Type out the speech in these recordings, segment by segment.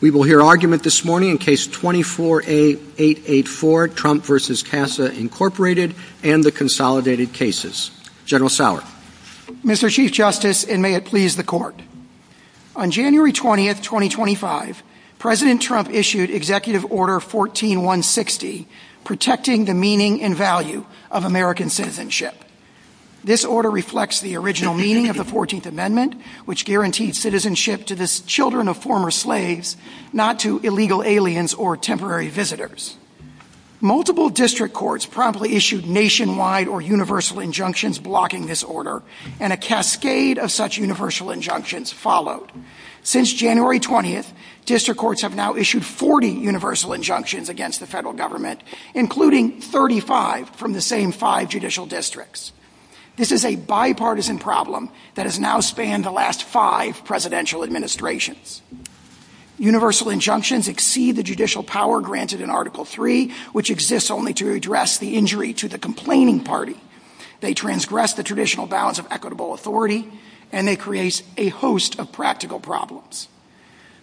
We will hear argument this morning in Case 24-A-884, Trump v. CASA, Inc., and the Consolidated Cases. General Sauer. Mr. Chief Justice, and may it please the Court. On January 20, 2025, President Trump issued Executive Order 14-160, Protecting the Meaning and Value of American Citizenship. This order reflects the original meaning of the 14th Amendment, which guaranteed citizenship to the children of former slaves, not to illegal aliens or temporary visitors. Multiple district courts promptly issued nationwide or universal injunctions blocking this order, and a cascade of such universal injunctions followed. Since January 20, district courts have now issued 40 universal injunctions against the federal government, including 35 from the same five judicial districts. This is a bipartisan problem that has now spanned the last five presidential administrations. Universal injunctions exceed the judicial power granted in Article III, which exists only to address the injury to the complaining party. They transgress the traditional bounds of equitable authority, and they create a host of practical problems.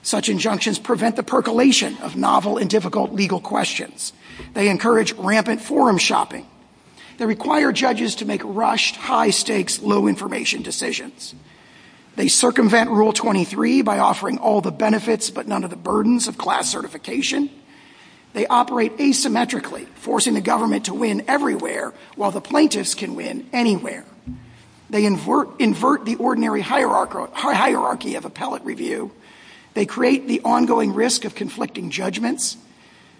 Such injunctions prevent the percolation of novel and difficult legal questions. They encourage rampant forum shopping. They require judges to make rushed, high-stakes, low-information decisions. They circumvent Rule 23 by offering all the benefits but none of the burdens of class certification. They operate asymmetrically, forcing the government to win everywhere, while the plaintiffs can win anywhere. They invert the ordinary hierarchy of appellate review. They create the ongoing risk of conflicting judgments.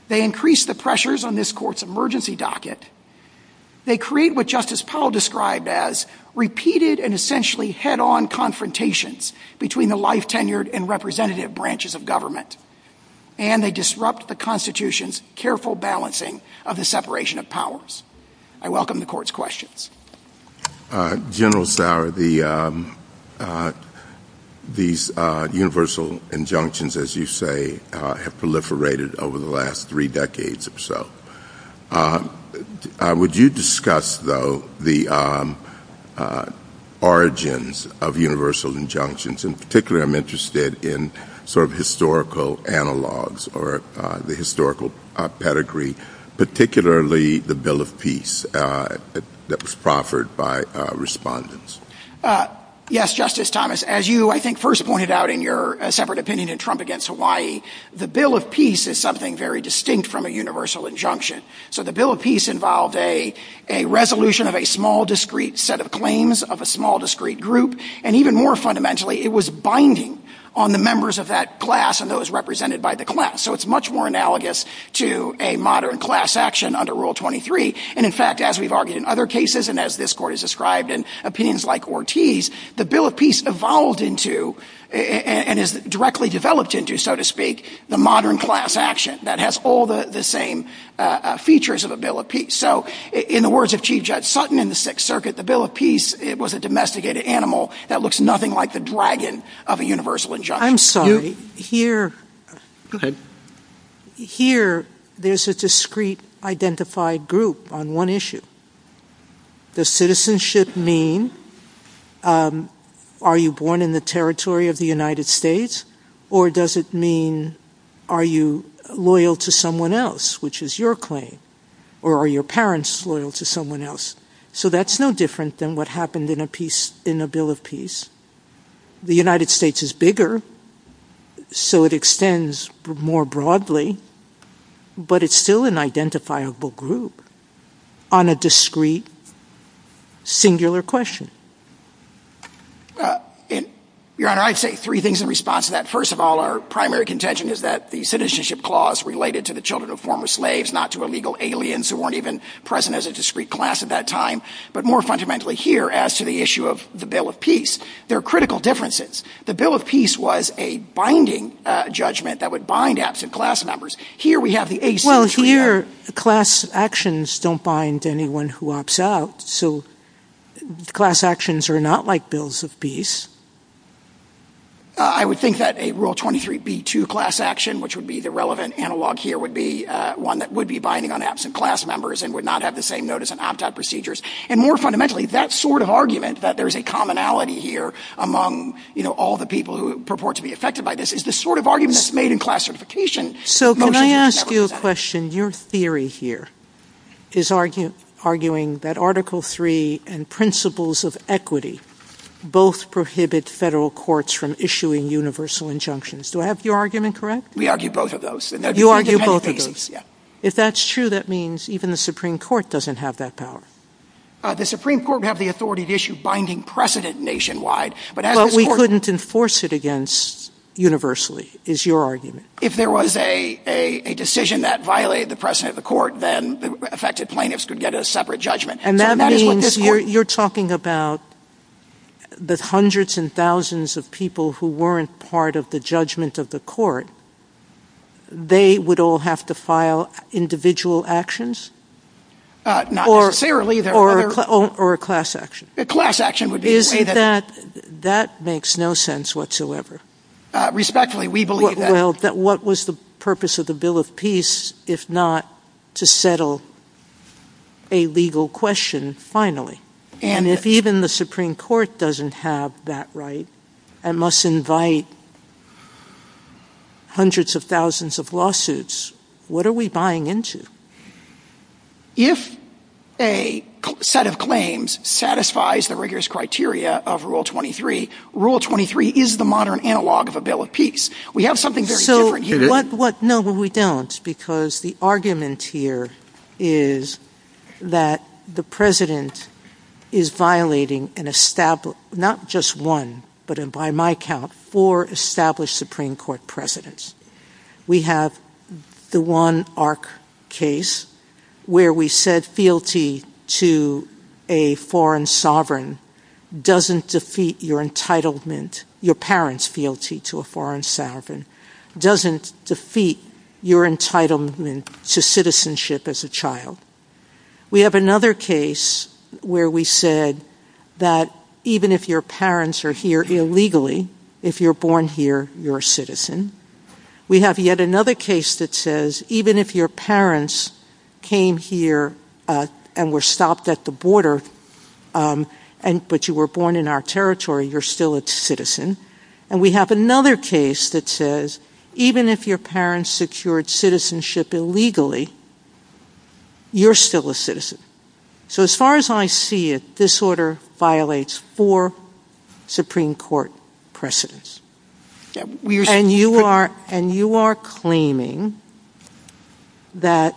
They increase the pressures on this court's emergency docket. They create what Justice Powell described as repeated and essentially head-on confrontations between the life-tenured and representative branches of government. And they disrupt the Constitution's careful balancing of the separation of powers. I welcome the court's questions. General Sauer, these universal injunctions, as you say, have proliferated over the last three decades or so. Would you discuss, though, the origins of universal injunctions? In particular, I'm interested in sort of historical analogs or the historical pedigree, particularly the Bill of Peace that was proffered by respondents. Yes, Justice Thomas. As you, I think, first pointed out in your separate opinion in Trump against Hawaii, the Bill of Peace is something very distinct from a universal injunction. So the Bill of Peace involved a resolution of a small, discrete set of claims of a small, discrete group. And even more fundamentally, it was binding on the members of that class and those represented by the class. So it's much more analogous to a modern class action under Rule 23. And in fact, as we've argued in other cases and as this court has described in opinions like Ortiz, the Bill of Peace evolved into and is directly developed into, so to speak, the modern class action that has all the same features of a Bill of Peace. So in the words of Chief Judge Sutton in the Sixth Circuit, the Bill of Peace was a domesticated animal that looks nothing like the dragon of a universal injunction. I'm sorry. Here. Go ahead. Here, there's a discrete identified group on one issue. Does citizenship mean are you born in the territory of the United States or does it mean are you loyal to someone else, which is your claim, or are your parents loyal to someone else? So that's no different than what happened in a peace, in a Bill of Peace. The United States is bigger, so it extends more broadly, but it's still an identifiable group on a discrete, singular question. Your Honor, I'd say three things in response to that. First of all, our primary contention is that the citizenship clause related to the children of former slaves, not to illegal aliens who weren't even present as a discrete class at that time, but more fundamentally here as to the issue of the Bill of Peace. There are critical differences. The Bill of Peace was a binding judgment that would bind absent class members. Here we have the... Well, here, class actions don't bind anyone who opts out, so class actions are not like bills of peace. I would think that a Rule 23b2 class action, which would be the relevant analog here, would be one that would be binding on absent class members and would not have the same notice of opt-out procedures, and more fundamentally, that sort of argument that there's a commonality here among all the people who purport to be affected by this is the sort of argument that's made in class certification. So can I ask you a question? Your theory here is arguing that Article III and principles of equity both prohibit federal courts from issuing universal injunctions. Do I have your argument correct? We argue both of those. You argue both of those. If that's true, that means even the Supreme Court doesn't have that power. The Supreme Court would have the authority to issue binding precedent nationwide, but as a court... But we couldn't enforce it against universally, is your argument. If there was a decision that violated the precedent of the court, then the affected plaintiffs could get a separate judgment. And that is what this court... And that means you're talking about the hundreds and thousands of people who weren't part of the judgment of the court, they would all have to file individual actions? Not necessarily. Or a class action? Class action would be... That makes no sense whatsoever. Respectfully, we believe that. What was the purpose of the Bill of Peace if not to settle a legal question finally? And if even the Supreme Court doesn't have that right and must invite hundreds of thousands of lawsuits, what are we buying into? If a set of claims satisfies the rigorous criteria of Rule 23, Rule 23 is the modern analog of a Bill of Peace. We have something very different here. No, we don't, because the argument here is that the president is violating not just one, but by my count, four established Supreme Court presidents. We have the one arc case where we said fealty to a foreign sovereign doesn't defeat your entitlement, your parents' fealty to a foreign sovereign doesn't defeat your entitlement to citizenship as a child. We have another case where we said that even if your parents are here illegally, if you're born here, you're a citizen. We have yet another case that says even if your parents came here and were stopped at the border, but you were born in our territory, you're still a citizen. And we have another case that says even if your parents secured citizenship illegally, you're still a citizen. So as far as I see it, this order violates four Supreme Court presidents, and you are claiming that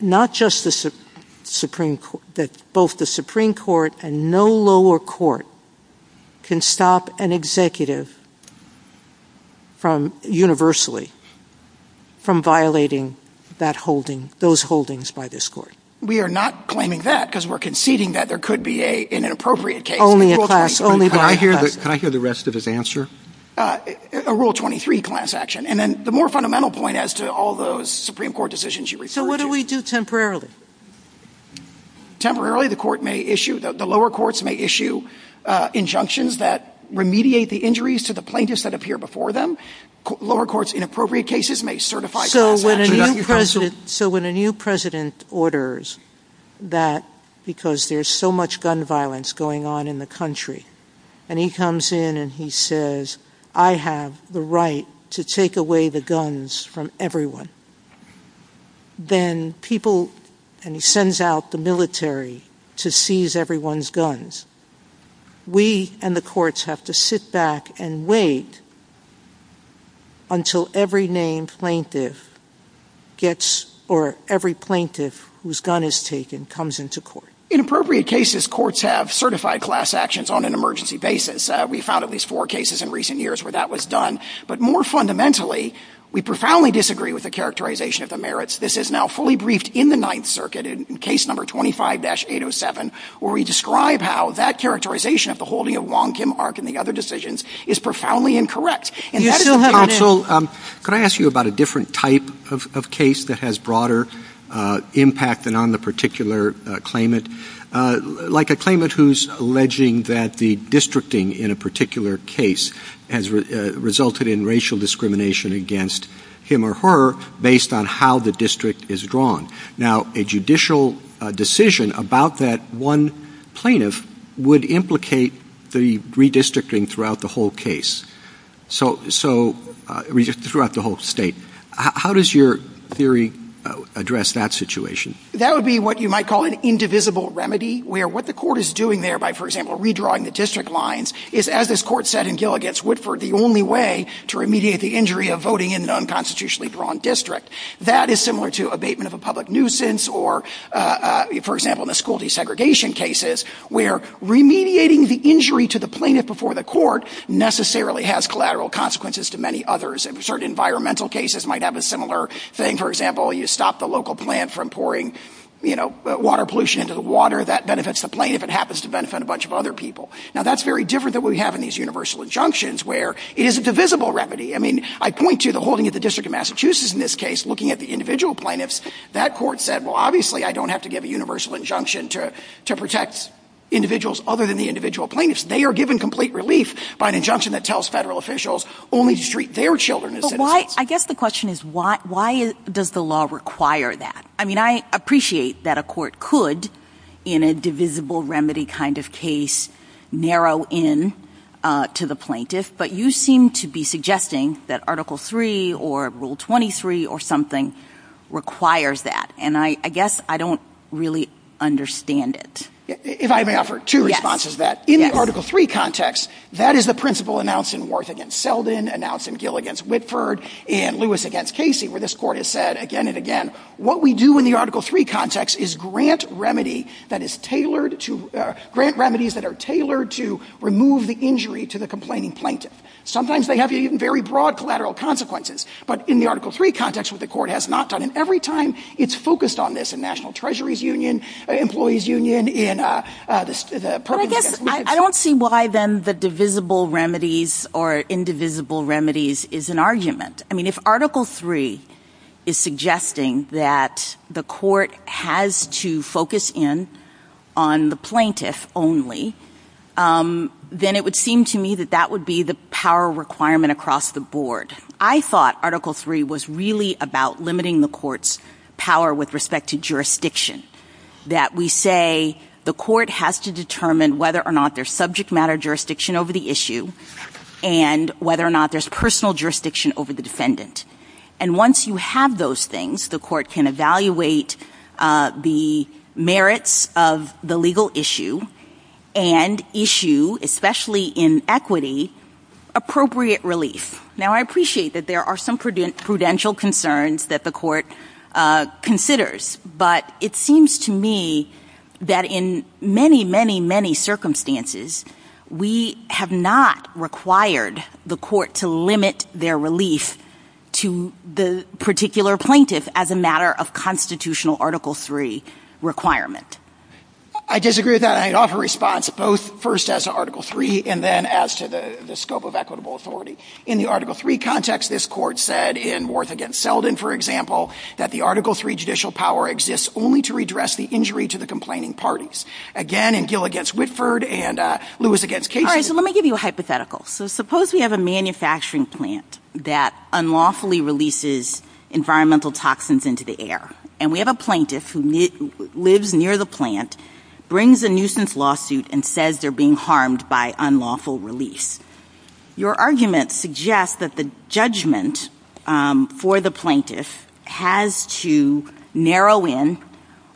not just the Supreme Court, that both the Supreme Court and no lower court can stop an executive from universally, from violating that holding, those holdings by this court. We are not claiming that because we're conceding that there could be an inappropriate case. Only in class. Can I hear the rest of his answer? A Rule 23 class action. And then the more fundamental point as to all those Supreme Court decisions you refer So what do we do temporarily? Temporarily, the lower courts may issue injunctions that remediate the injuries to the plaintiffs that appear before them. Lower courts, inappropriate cases may certify. So when a new president orders that because there's so much gun violence going on in the country, and he comes in and he says, I have the right to take away the guns from everyone. Then people, and he sends out the military to seize everyone's guns. We and the courts have to sit back and wait until every named plaintiff gets or every plaintiff whose gun is taken comes into court. In appropriate cases, courts have certified class actions on an emergency basis. We found at least four cases in recent years where that was done. But more fundamentally, we profoundly disagree with the characterization of the merits. This is now fully briefed in the Ninth Circuit in case number 25-807, where we describe how that characterization of the holding of Wong Kim Ark and the other decisions is profoundly incorrect. Counsel, could I ask you about a different type of case that has broader impact than the particular claimant? Like a claimant who's alleging that the districting in a particular case has resulted in racial discrimination against him or her based on how the district is drawn. Now a judicial decision about that one plaintiff would implicate the redistricting throughout the whole case, so throughout the whole state. How does your theory address that situation? That would be what you might call an indivisible remedy, where what the court is doing there by, for example, redrawing the district lines is, as this court said in Gill against Whitford, the only way to remediate the injury of voting in an unconstitutionally drawn district. That is similar to abatement of a public nuisance or, for example, in the school desegregation cases, where remediating the injury to the plaintiff before the court necessarily has collateral consequences to many others, and certain environmental cases might have a similar thing. So if, for example, you stop the local plant from pouring water pollution into the water, that benefits the plaintiff. It happens to benefit a bunch of other people. Now that's very different than what we have in these universal injunctions, where it is a divisible remedy. I mean, I point to the holding of the District of Massachusetts in this case, looking at the individual plaintiffs. That court said, well, obviously, I don't have to give a universal injunction to protect individuals other than the individual plaintiffs. They are given complete relief by an injunction that tells federal officials only to treat their children as defendants. I guess the question is, why does the law require that? I mean, I appreciate that a court could, in a divisible remedy kind of case, narrow in to the plaintiff, but you seem to be suggesting that Article III or Rule 23 or something requires that, and I guess I don't really understand it. If I may offer two responses to that. In the Article III context, that is the principle announced in Worth v. Selden, announced in Will v. Whitford, and Lewis v. Casey, where this court has said again and again, what we do in the Article III context is grant remedies that are tailored to remove the injury to the complaining plaintiff. Sometimes they have even very broad collateral consequences. But in the Article III context, what the court has not done, and every time, it's focused on this in National Treasuries Union, Employees Union, in the Perkins case. I don't see why then the divisible remedies or indivisible remedies is an argument. I mean, if Article III is suggesting that the court has to focus in on the plaintiff only, then it would seem to me that that would be the power requirement across the board. I thought Article III was really about limiting the court's power with respect to jurisdiction, that we say the court has to determine whether or not there's subject matter jurisdiction over the issue, and whether or not there's personal jurisdiction over the defendant. And once you have those things, the court can evaluate the merits of the legal issue, and issue, especially in equity, appropriate relief. Now, I appreciate that there are some prudential concerns that the court considers, but it's seems to me that in many, many, many circumstances, we have not required the court to limit their relief to the particular plaintiff as a matter of constitutional Article III requirement. I disagree with that, and I'd offer a response both first as to Article III, and then as to the scope of equitable authority. In the Article III context, this court said in Worth v. Selden, for example, that the Article III judicial power exists only to redress the injury to the complaining parties. Again, in Gill v. Whitford, and Lewis v. Cato... All right, so let me give you a hypothetical. So suppose we have a manufacturing plant that unlawfully releases environmental toxins into the air, and we have a plaintiff who lives near the plant, brings a nuisance lawsuit, and says they're being harmed by unlawful release. Your argument suggests that the judgment for the plaintiff has to narrow in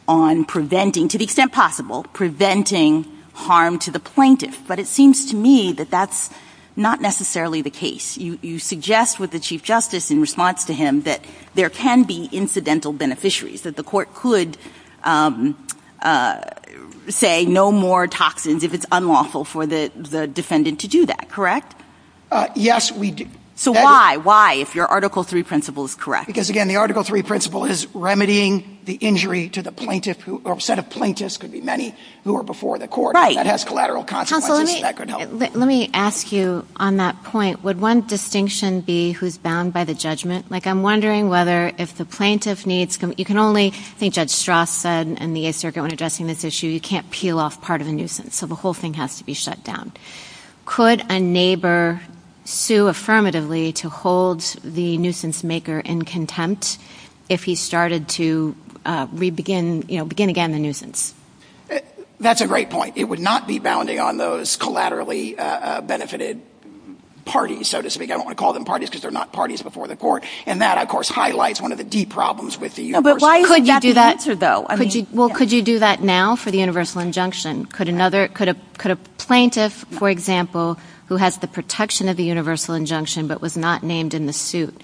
on preventing, to the extent possible, preventing harm to the plaintiff. But it seems to me that that's not necessarily the case. You suggest with the Chief Justice in response to him that there can be incidental beneficiaries, that the court could say no more toxins if it's unlawful for the defendant to do that, correct? Yes, we do. So why? Why, if your Article III principle is correct? Because, again, the Article III principle is remedying the injury to the plaintiff, or a set of plaintiffs, could be many, who are before the court. That has collateral consequences, and that could help. Counselor, let me ask you on that point, would one distinction be who's bound by the judgment? Like, I'm wondering whether if the plaintiff needs, you can only, I think Judge Strauss said, in the 8th Circuit when addressing this issue, you can't peel off part of a nuisance, so the whole thing has to be shut down. Could a neighbor sue affirmatively to hold the nuisance maker in contempt if he started to re-begin, you know, begin again the nuisance? That's a great point. It would not be bounding on those collaterally benefited parties, so to speak. I don't want to call them parties, because they're not parties before the court. And that, of course, highlights one of the deep problems with the U.S. But why would you have to do that? Well, could you do that now for the universal injunction? Could a plaintiff, for example, who has the protection of the universal injunction but was not named in the suit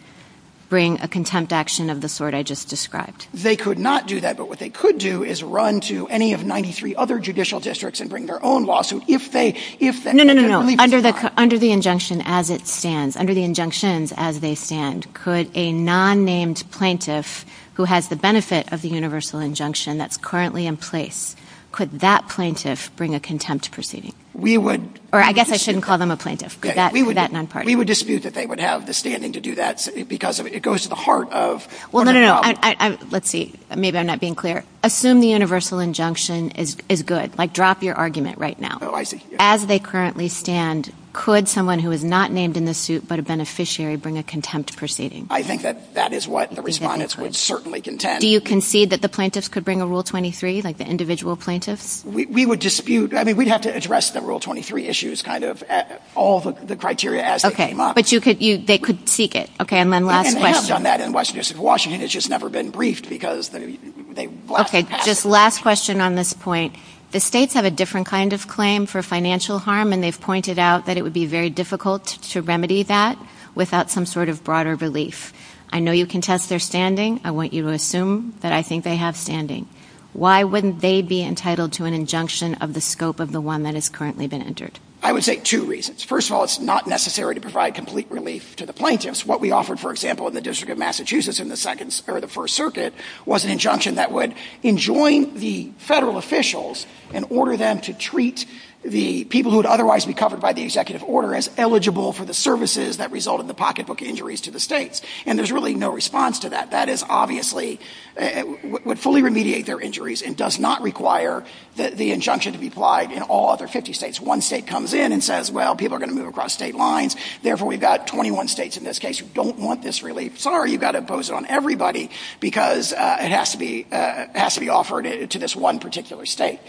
bring a contempt action of the sort I just described? They could not do that. But what they could do is run to any of 93 other judicial districts and bring their own lawsuit. No, no, no. Under the injunction as it stands, under the injunctions as they stand, could a non-named plaintiff who has the benefit of the universal injunction that's currently in place, could that plaintiff bring a contempt proceeding? Or I guess I shouldn't call them a plaintiff. We would dispute that they would have the standing to do that, because it goes to the heart of the problem. Well, no, no, no. Let's see. Maybe I'm not being clear. Assume the universal injunction is good. Like, drop your argument right now. Oh, I see. As they currently stand, could someone who is not named in the suit but a beneficiary bring a contempt proceeding? I think that that is what the respondents would certainly contend. Do you concede that the plaintiffs could bring a Rule 23, like the individual plaintiffs? We would dispute. I mean, we'd have to address the Rule 23 issues, kind of, all the criteria as they came up. Okay, but they could seek it. Okay, and then last question. Okay, just last question on this point. The states have a different kind of claim for financial harm, and they've pointed out that it would be very difficult to remedy that without some sort of broader relief. I know you contest their standing. I want you to assume that I think they have standing. Why wouldn't they be entitled to an injunction of the scope of the one that has currently been entered? I would say two reasons. First of all, it's not necessary to provide complete relief to the plaintiffs. What we offered, for example, in the District of Massachusetts in the First Circuit was an injunction that would enjoin the federal officials and order them to treat the people who would otherwise be covered by the executive order as eligible for the services that resulted in the pocketbook injuries to the states. And there's really no response to that. That is obviously, would fully remediate their injuries and does not require the injunction to be applied in all other 50 states. One state comes in and says, well, people are going to move across state lines. Therefore, we've got 21 states in this case who don't want this relief. Sorry, you've got to impose it on everybody because it has to be offered to this one particular state.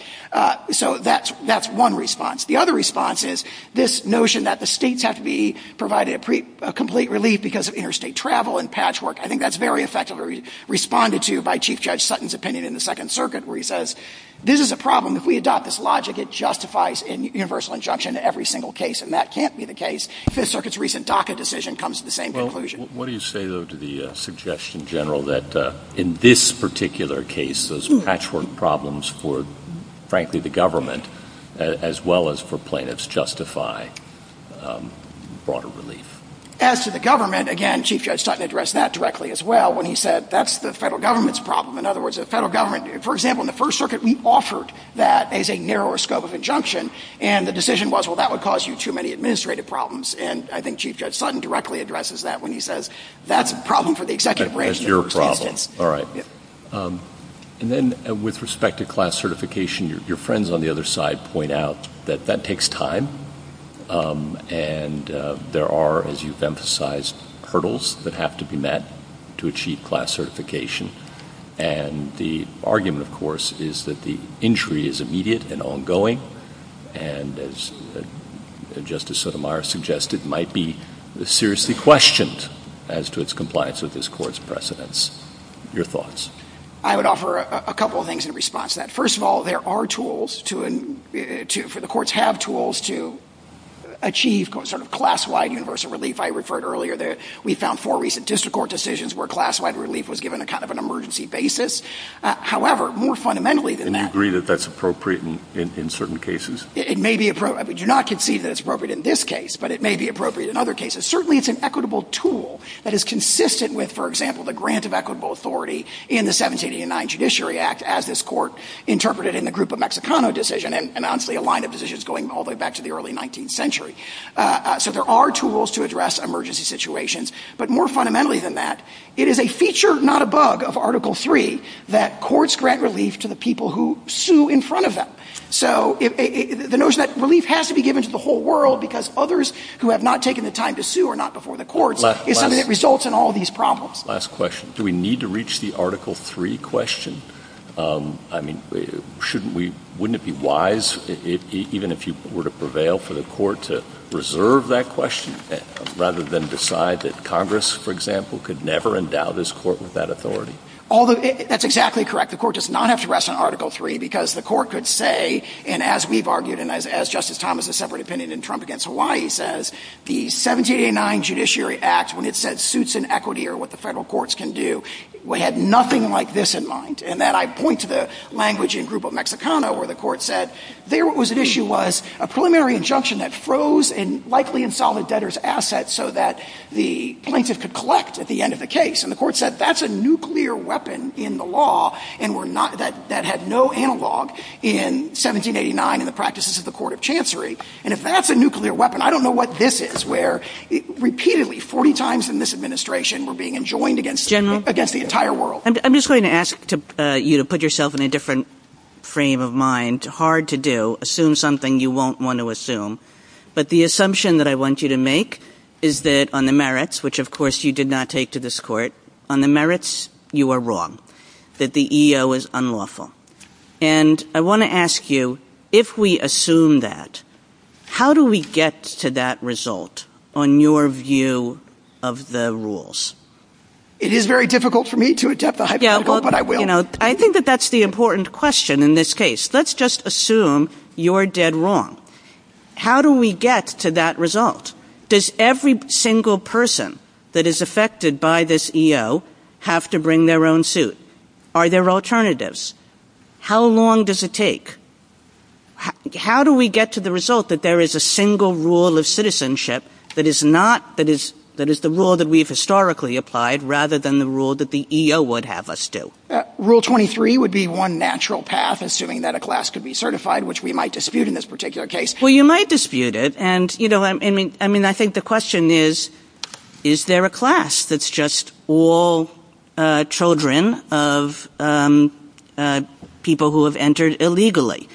So that's one response. The other response is this notion that the states have to be provided a complete relief because of interstate travel and patchwork. I think that's very effectively responded to by Chief Judge Sutton's opinion in the Second Circuit where he says, this is a problem. If we adopt this logic, it justifies universal injunction in every single case. And that can't be the case. Fifth Circuit's recent DACA decision comes to the same conclusion. What do you say, though, to the suggestion, General, that in this particular case, those patchwork problems for, frankly, the government as well as for plaintiffs justify broader relief? As to the government, again, Chief Judge Sutton addressed that directly as well when he said that's the federal government's problem. In other words, the federal government, for example, in the First Circuit, we offered that as a narrower scope of injunction. And the decision was, well, that would cause you too many administrative problems. And I think Chief Judge Sutton directly addresses that when he says that's a problem for the executive branch. That's your problem. All right. And then with respect to class certification, your friends on the other side point out that that takes time. And there are, as you've emphasized, hurdles that have to be met to achieve class certification. And the argument, of course, is that the injury is immediate and ongoing, and as Justice Sotomayor suggested, might be seriously questioned as to its compliance with this court's precedents. Your thoughts? I would offer a couple of things in response to that. First of all, there are tools for the courts have tools to achieve sort of class-wide universal relief. We found four recent district court decisions where class-wide relief was given on kind of an emergency basis. However, more fundamentally than that- And you agree that that's appropriate in certain cases? It may be appropriate. I do not concede that it's appropriate in this case, but it may be appropriate in other cases. Certainly, it's an equitable tool that is consistent with, for example, the grant of equitable authority in the 1789 Judiciary Act, as this court interpreted in the Grupo Mexicano decision, and honestly, a line of decisions going all the way back to the early 19th century. So there are tools to address emergency situations. But more fundamentally than that, it is a feature, not a bug, of Article III that courts grant relief to the people who sue in front of them. So the notion that relief has to be given to the whole world because others who have not taken the time to sue are not before the courts is something that results in all these problems. Last question. Do we need to reach the Article III question? I mean, wouldn't it be wise, even if you were to prevail, for the court to reserve that question rather than decide that Congress, for example, could never endow this court with that authority? That's exactly correct. The court does not have to rest on Article III because the court could say, and as we've argued and as Justice Thomas has a separate opinion in Trump against Hawaii says, the 1789 Judiciary Act, when it said suits and equity are what the federal courts can do, we had nothing like this in mind. And then I point to the language in Grupo Mexicano where the court said there was an issue was a preliminary injunction that froze and likely insolvent debtors' assets so that the plaintiff could collect at the end of the case. And the court said that's a nuclear weapon in the law and that had no analog in 1789 in the practices of the Court of Chancery. And if that's a nuclear weapon, I don't know what this is, where repeatedly, 40 times in this administration, we're being enjoined against the entire world. I'm just going to ask you to put yourself in a different frame of mind. It's hard to do, assume something you won't want to assume. But the assumption that I want you to make is that on the merits, which of course you did not take to this court, on the merits you are wrong, that the EO is unlawful. And I want to ask you, if we assume that, how do we get to that result on your view of the rules? It is very difficult for me to attempt the hypothetical, but I will. I think that that's the important question in this case. Let's just assume you're dead wrong. How do we get to that result? Does every single person that is affected by this EO have to bring their own suit? Are there alternatives? How long does it take? How do we get to the result that there is a single rule of citizenship that is the rule that we've historically applied, rather than the rule that the EO would have us do? Rule 23 would be one natural path, assuming that a class could be certified, which we might dispute in this particular case. Well, you might dispute it. I think the question is, is there a class that's just all children of people who have entered illegally?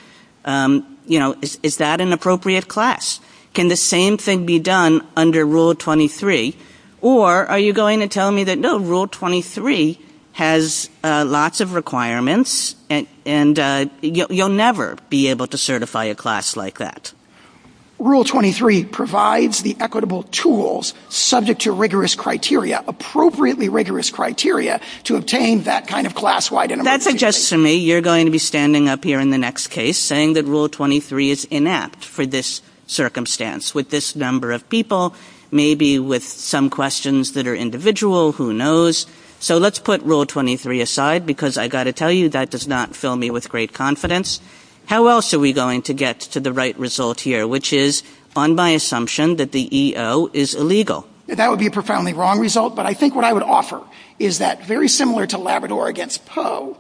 You know, is that an appropriate class? Can the same thing be done under Rule 23? Or are you going to tell me that, no, Rule 23 has lots of requirements, and you'll never be able to certify a class like that? Rule 23 provides the equitable tools subject to rigorous criteria, appropriately rigorous criteria, to obtain that kind of class-wide enumeration. That suggests to me you're going to be standing up here in the next case saying that Rule 23 is inept for this circumstance, with this number of people, maybe with some questions that are individual, who knows. So let's put Rule 23 aside, because I've got to tell you, that does not fill me with great confidence. How else are we going to get to the right result here, which is on my assumption that the EO is illegal? That would be a profoundly wrong result, but I think what I would offer is that, very similar to Labrador against Poe,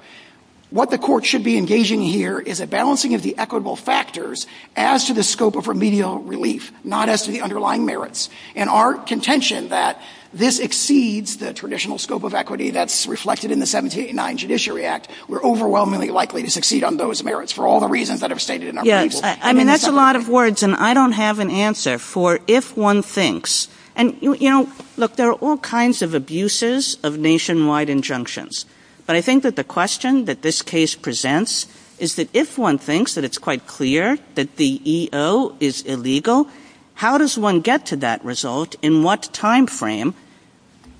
what the court should be engaging here is a balancing of the equitable factors as to the scope of remedial relief, not as to the underlying merits, and our contention that this exceeds the traditional scope of equity that's reflected in the 1789 Judiciary Act. We're overwhelmingly likely to succeed on those merits for all the reasons that are stated in our case. Yes, I mean, that's a lot of words, and I don't have an answer. Therefore, if one thinks, and, you know, look, there are all kinds of abuses of nationwide injunctions, but I think that the question that this case presents is that if one thinks that it's quite clear that the EO is illegal, how does one get to that result, in what time frame,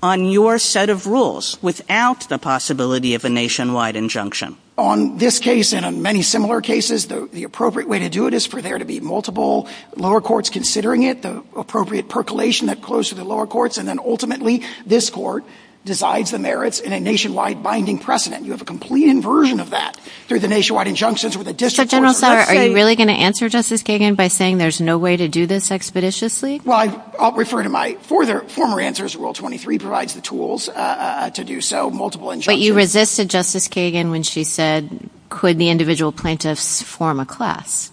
on your set of rules, without the possibility of a nationwide injunction? On this case, and on many similar cases, the appropriate way to do it is for there to be multiple lower courts considering it, the appropriate percolation that close to the lower courts, and then, ultimately, this court decides the merits in a nationwide binding precedent. You have a complete inversion of that through the nationwide injunctions with a district court. But, General Sauer, are you really going to answer Justice Kagan by saying there's no way to do this expeditiously? Well, I'll refer to my former answers. Rule 23 provides the tools to do so, multiple injunctions. But you resisted Justice Kagan when she said could the individual plaintiffs form a class?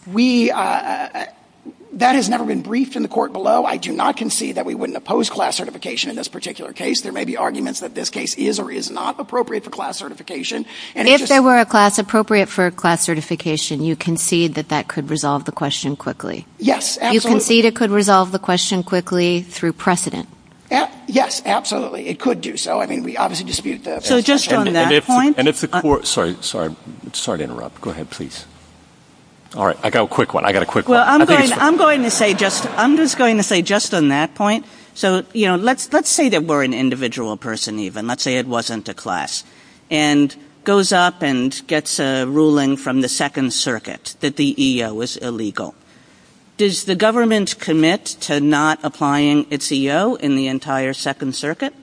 That has never been briefed in the court below. I do not concede that we wouldn't oppose class certification in this particular case. There may be arguments that this case is or is not appropriate for class certification. If there were a class appropriate for class certification, you concede that that could resolve the question quickly? Yes, absolutely. You concede it could resolve the question quickly through precedent? Yes, absolutely. It could do so. I mean, we obviously dispute that. Sorry to interrupt. Go ahead, please. All right. I've got a quick one. I'm just going to say just on that point, let's say that we're an individual person even. Let's say it wasn't a class. And goes up and gets a ruling from the Second Circuit that the EO was illegal. Does the government commit to not applying its EO in the entire Second Circuit?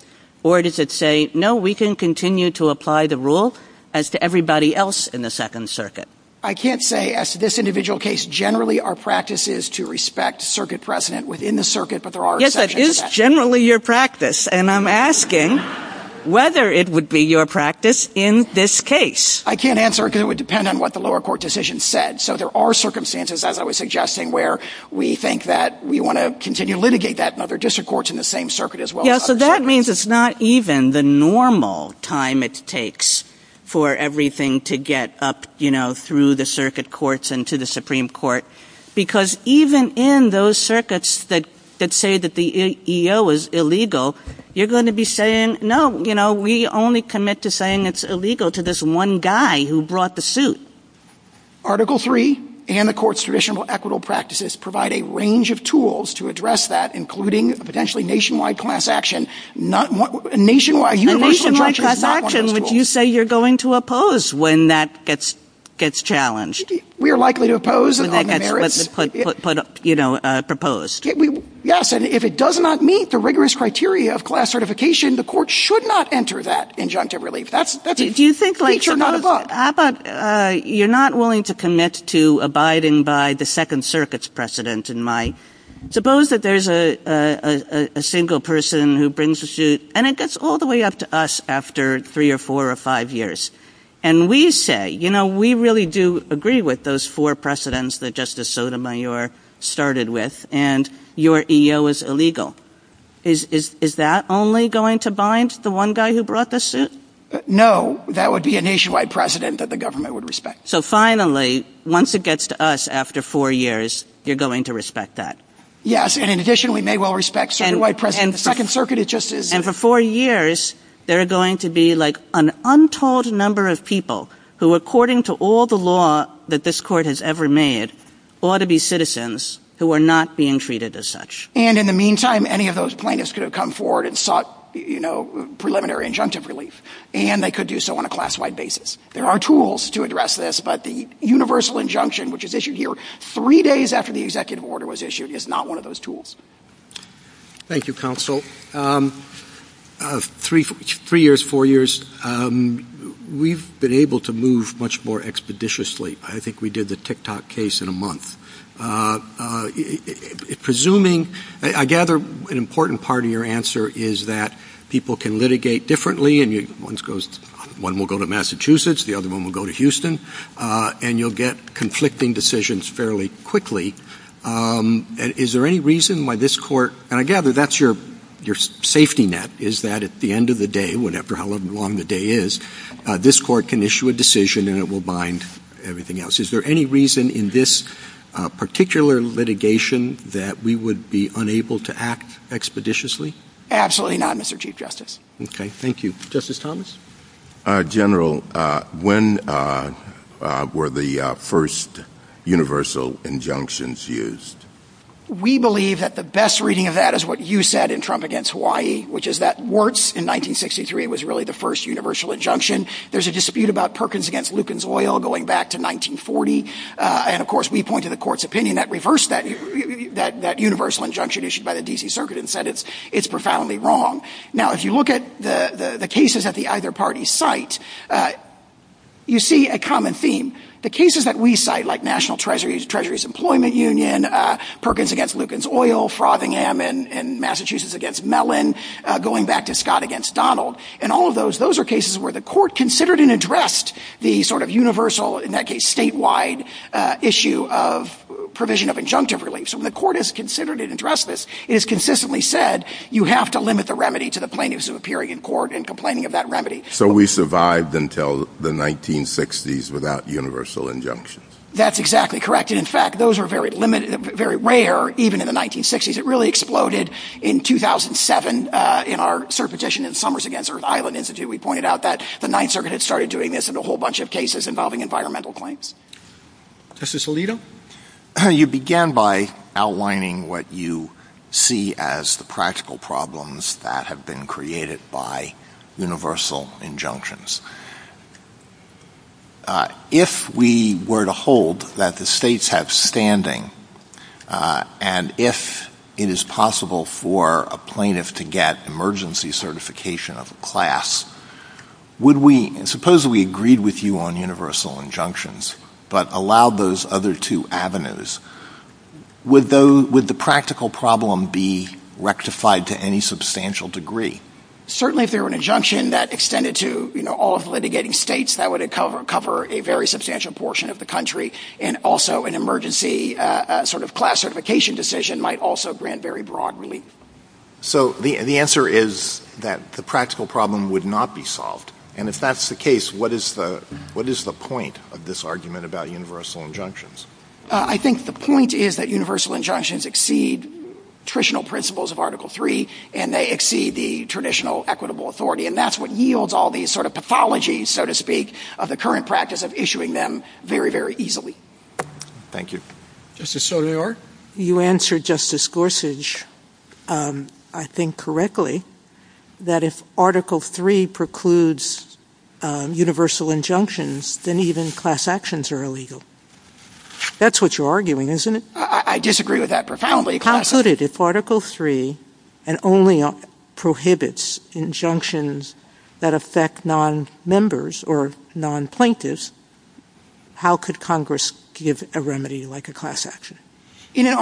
Or does it say, no, we can continue to apply the rule as to everybody else in the Second Circuit? I can't say as to this individual case. Generally, our practice is to respect circuit precedent within the circuit. Yes, it is generally your practice. And I'm asking whether it would be your practice in this case. I can't answer because it would depend on what the lower court decision said. So there are circumstances, as I was suggesting, where we think that we want to continue to litigate that in other district courts in the same circuit as well. Yes, so that means it's not even the normal time it takes for everything to get up, you know, through the circuit courts and to the Supreme Court. Because even in those circuits that say that the EO is illegal, you're going to be saying, no, you know, we only commit to saying it's illegal to this one guy who brought the suit. Article III and the court's traditional equitable practices provide a range of tools to address that, including potentially nationwide class action. Nationwide class action, which you say you're going to oppose when that gets challenged. We are likely to oppose. You know, proposed. Yes, and if it does not meet the rigorous criteria of class certification, the court should not enter that injunctive relief. If you think like that, you're not willing to commit to abiding by the Second Circuit's precedent. Suppose that there's a single person who brings a suit, and it gets all the way up to us after three or four or five years. And we say, you know, we really do agree with those four precedents that Justice Sotomayor started with, and your EO is illegal. Is that only going to bind the one guy who brought the suit? No, that would be a nationwide precedent that the government would respect. So finally, once it gets to us after four years, you're going to respect that. Yes, and in addition, we may well respect statewide precedent. The Second Circuit is just as— And for four years, there are going to be like an untold number of people who, according to all the law that this court has ever made, ought to be citizens who are not being treated as such. And in the meantime, any of those plaintiffs could have come forward and sought, you know, preliminary injunctive relief, and they could do so on a class-wide basis. There are tools to address this, but the universal injunction, which is issued here three days after the executive order was issued, is not one of those tools. Thank you, counsel. Three years, four years, we've been able to move much more expeditiously. I think we did the TikTok case in a month. Presuming—I gather an important part of your answer is that people can litigate differently, and one will go to Massachusetts, the other one will go to Houston, and you'll get conflicting decisions fairly quickly. Is there any reason why this court—and I gather that's your safety net, is that at the end of the day, after however long the day is, this court can issue a decision and it will bind everything else. Is there any reason in this particular litigation that we would be unable to act expeditiously? Absolutely not, Mr. Chief Justice. Okay, thank you. Justice Thomas? General, when were the first universal injunctions used? We believe that the best reading of that is what you said in Trump against Hawaii, which is that Warts, in 1963, was really the first universal injunction. There's a dispute about Perkins against Lucan's oil going back to 1940, and of course we point to the court's opinion that reversed that universal injunction issued by the D.C. Circuit and said it's profoundly wrong. Now, if you look at the cases that the other parties cite, you see a common theme. The cases that we cite, like National Treasuries, Treasuries Employment Union, Perkins against Lucan's oil, Frothingham and Massachusetts against Mellon, going back to Scott against Donald, and all of those, those are cases where the court considered and addressed the sort of universal, in that case statewide, issue of provision of injunctive relief. So when the court has considered and addressed this, it is consistently said you have to limit the remedy to the plaintiffs who are appearing in court and complaining of that remedy. So we survived until the 1960s without universal injunctions? That's exactly correct. In fact, those are very limited, very rare, even in the 1960s. It really exploded in 2007 in our petition in Summers against Earth Island Institute. We pointed out that the Ninth Circuit had started doing this in a whole bunch of cases involving environmental claims. Justice Alito? Thank you. You began by outlining what you see as the practical problems that have been created by universal injunctions. If we were to hold that the states have standing, and if it is possible for a plaintiff to get emergency certification of a class, would we, suppose we agreed with you on universal injunctions, but allow those other two avenues, would the practical problem be rectified to any substantial degree? Certainly if there were an injunction that extended to all of the litigating states, that would cover a very substantial portion of the country, and also an emergency sort of class certification decision might also grant very broad relief. So the answer is that the practical problem would not be solved, And if that's the case, what is the point of this argument about universal injunctions? I think the point is that universal injunctions exceed traditional principles of Article III, and they exceed the traditional equitable authority, and that's what yields all these sort of pathologies, so to speak, of the current practice of issuing them very, very easily. Thank you. Justice Sotomayor? You answered Justice Gorsuch, I think, correctly, that if Article III precludes universal injunctions, then even class actions are illegal. That's what you're arguing, isn't it? I disagree with that profoundly. How could it? If Article III only prohibits injunctions that affect non-members or non-plaintiffs, how could Congress give a remedy like a class action? In a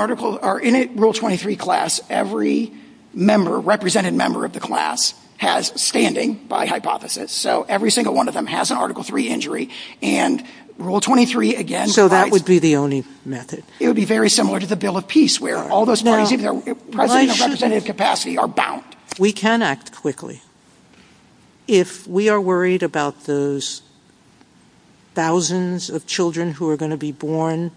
Rule 23 class, every member, represented member of the class, has standing by hypothesis, so every single one of them has an Article III injury, and Rule 23, again, provides... So that would be the only method. It would be very similar to the Bill of Peace, where all those plaintiffs in their representative capacity are bound. We can act quickly. If we are worried about those thousands of children who are going to be born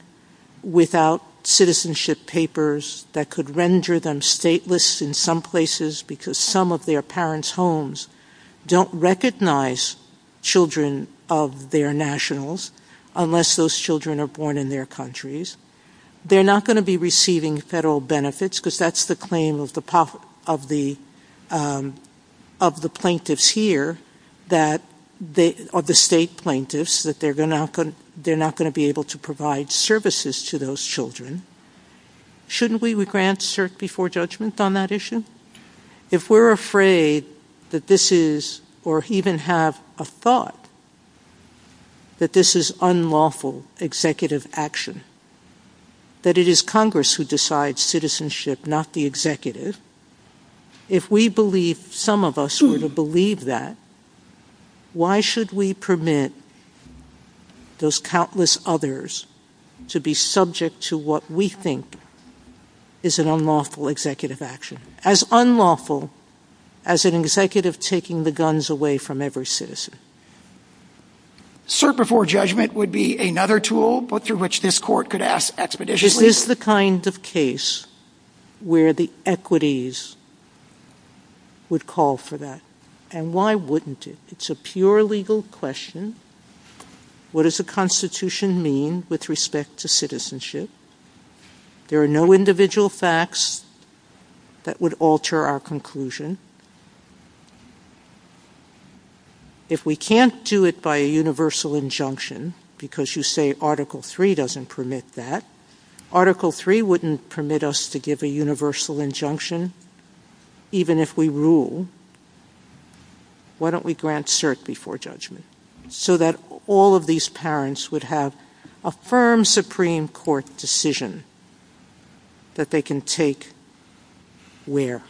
without citizenship papers that could render them stateless in some places because some of their parents' homes don't recognize children of their nationals, unless those children are born in their countries, they're not going to be receiving federal benefits, because that's the claim of the plaintiffs here, or the state plaintiffs, that they're not going to be able to provide services to those children. Shouldn't we grant cert before judgment on that issue? If we're afraid that this is, or even have a thought that this is unlawful executive action, that it is Congress who decides citizenship, not the executive, if we believe, some of us would believe that, why should we permit those countless others to be subject to what we think is an unlawful executive action? As unlawful as an executive taking the guns away from every citizen. Cert before judgment would be another tool through which this court could ask expeditiously... This is the kind of case where the equities would call for that. And why wouldn't it? It's a pure legal question. What does the Constitution mean with respect to citizenship? There are no individual facts that would alter our conclusion. If we can't do it by a universal injunction, because you say Article 3 doesn't permit that, Article 3 wouldn't permit us to give a universal injunction, even if we rule. Why don't we grant cert before judgment? So that all of these parents would have a firm Supreme Court decision that they can take where?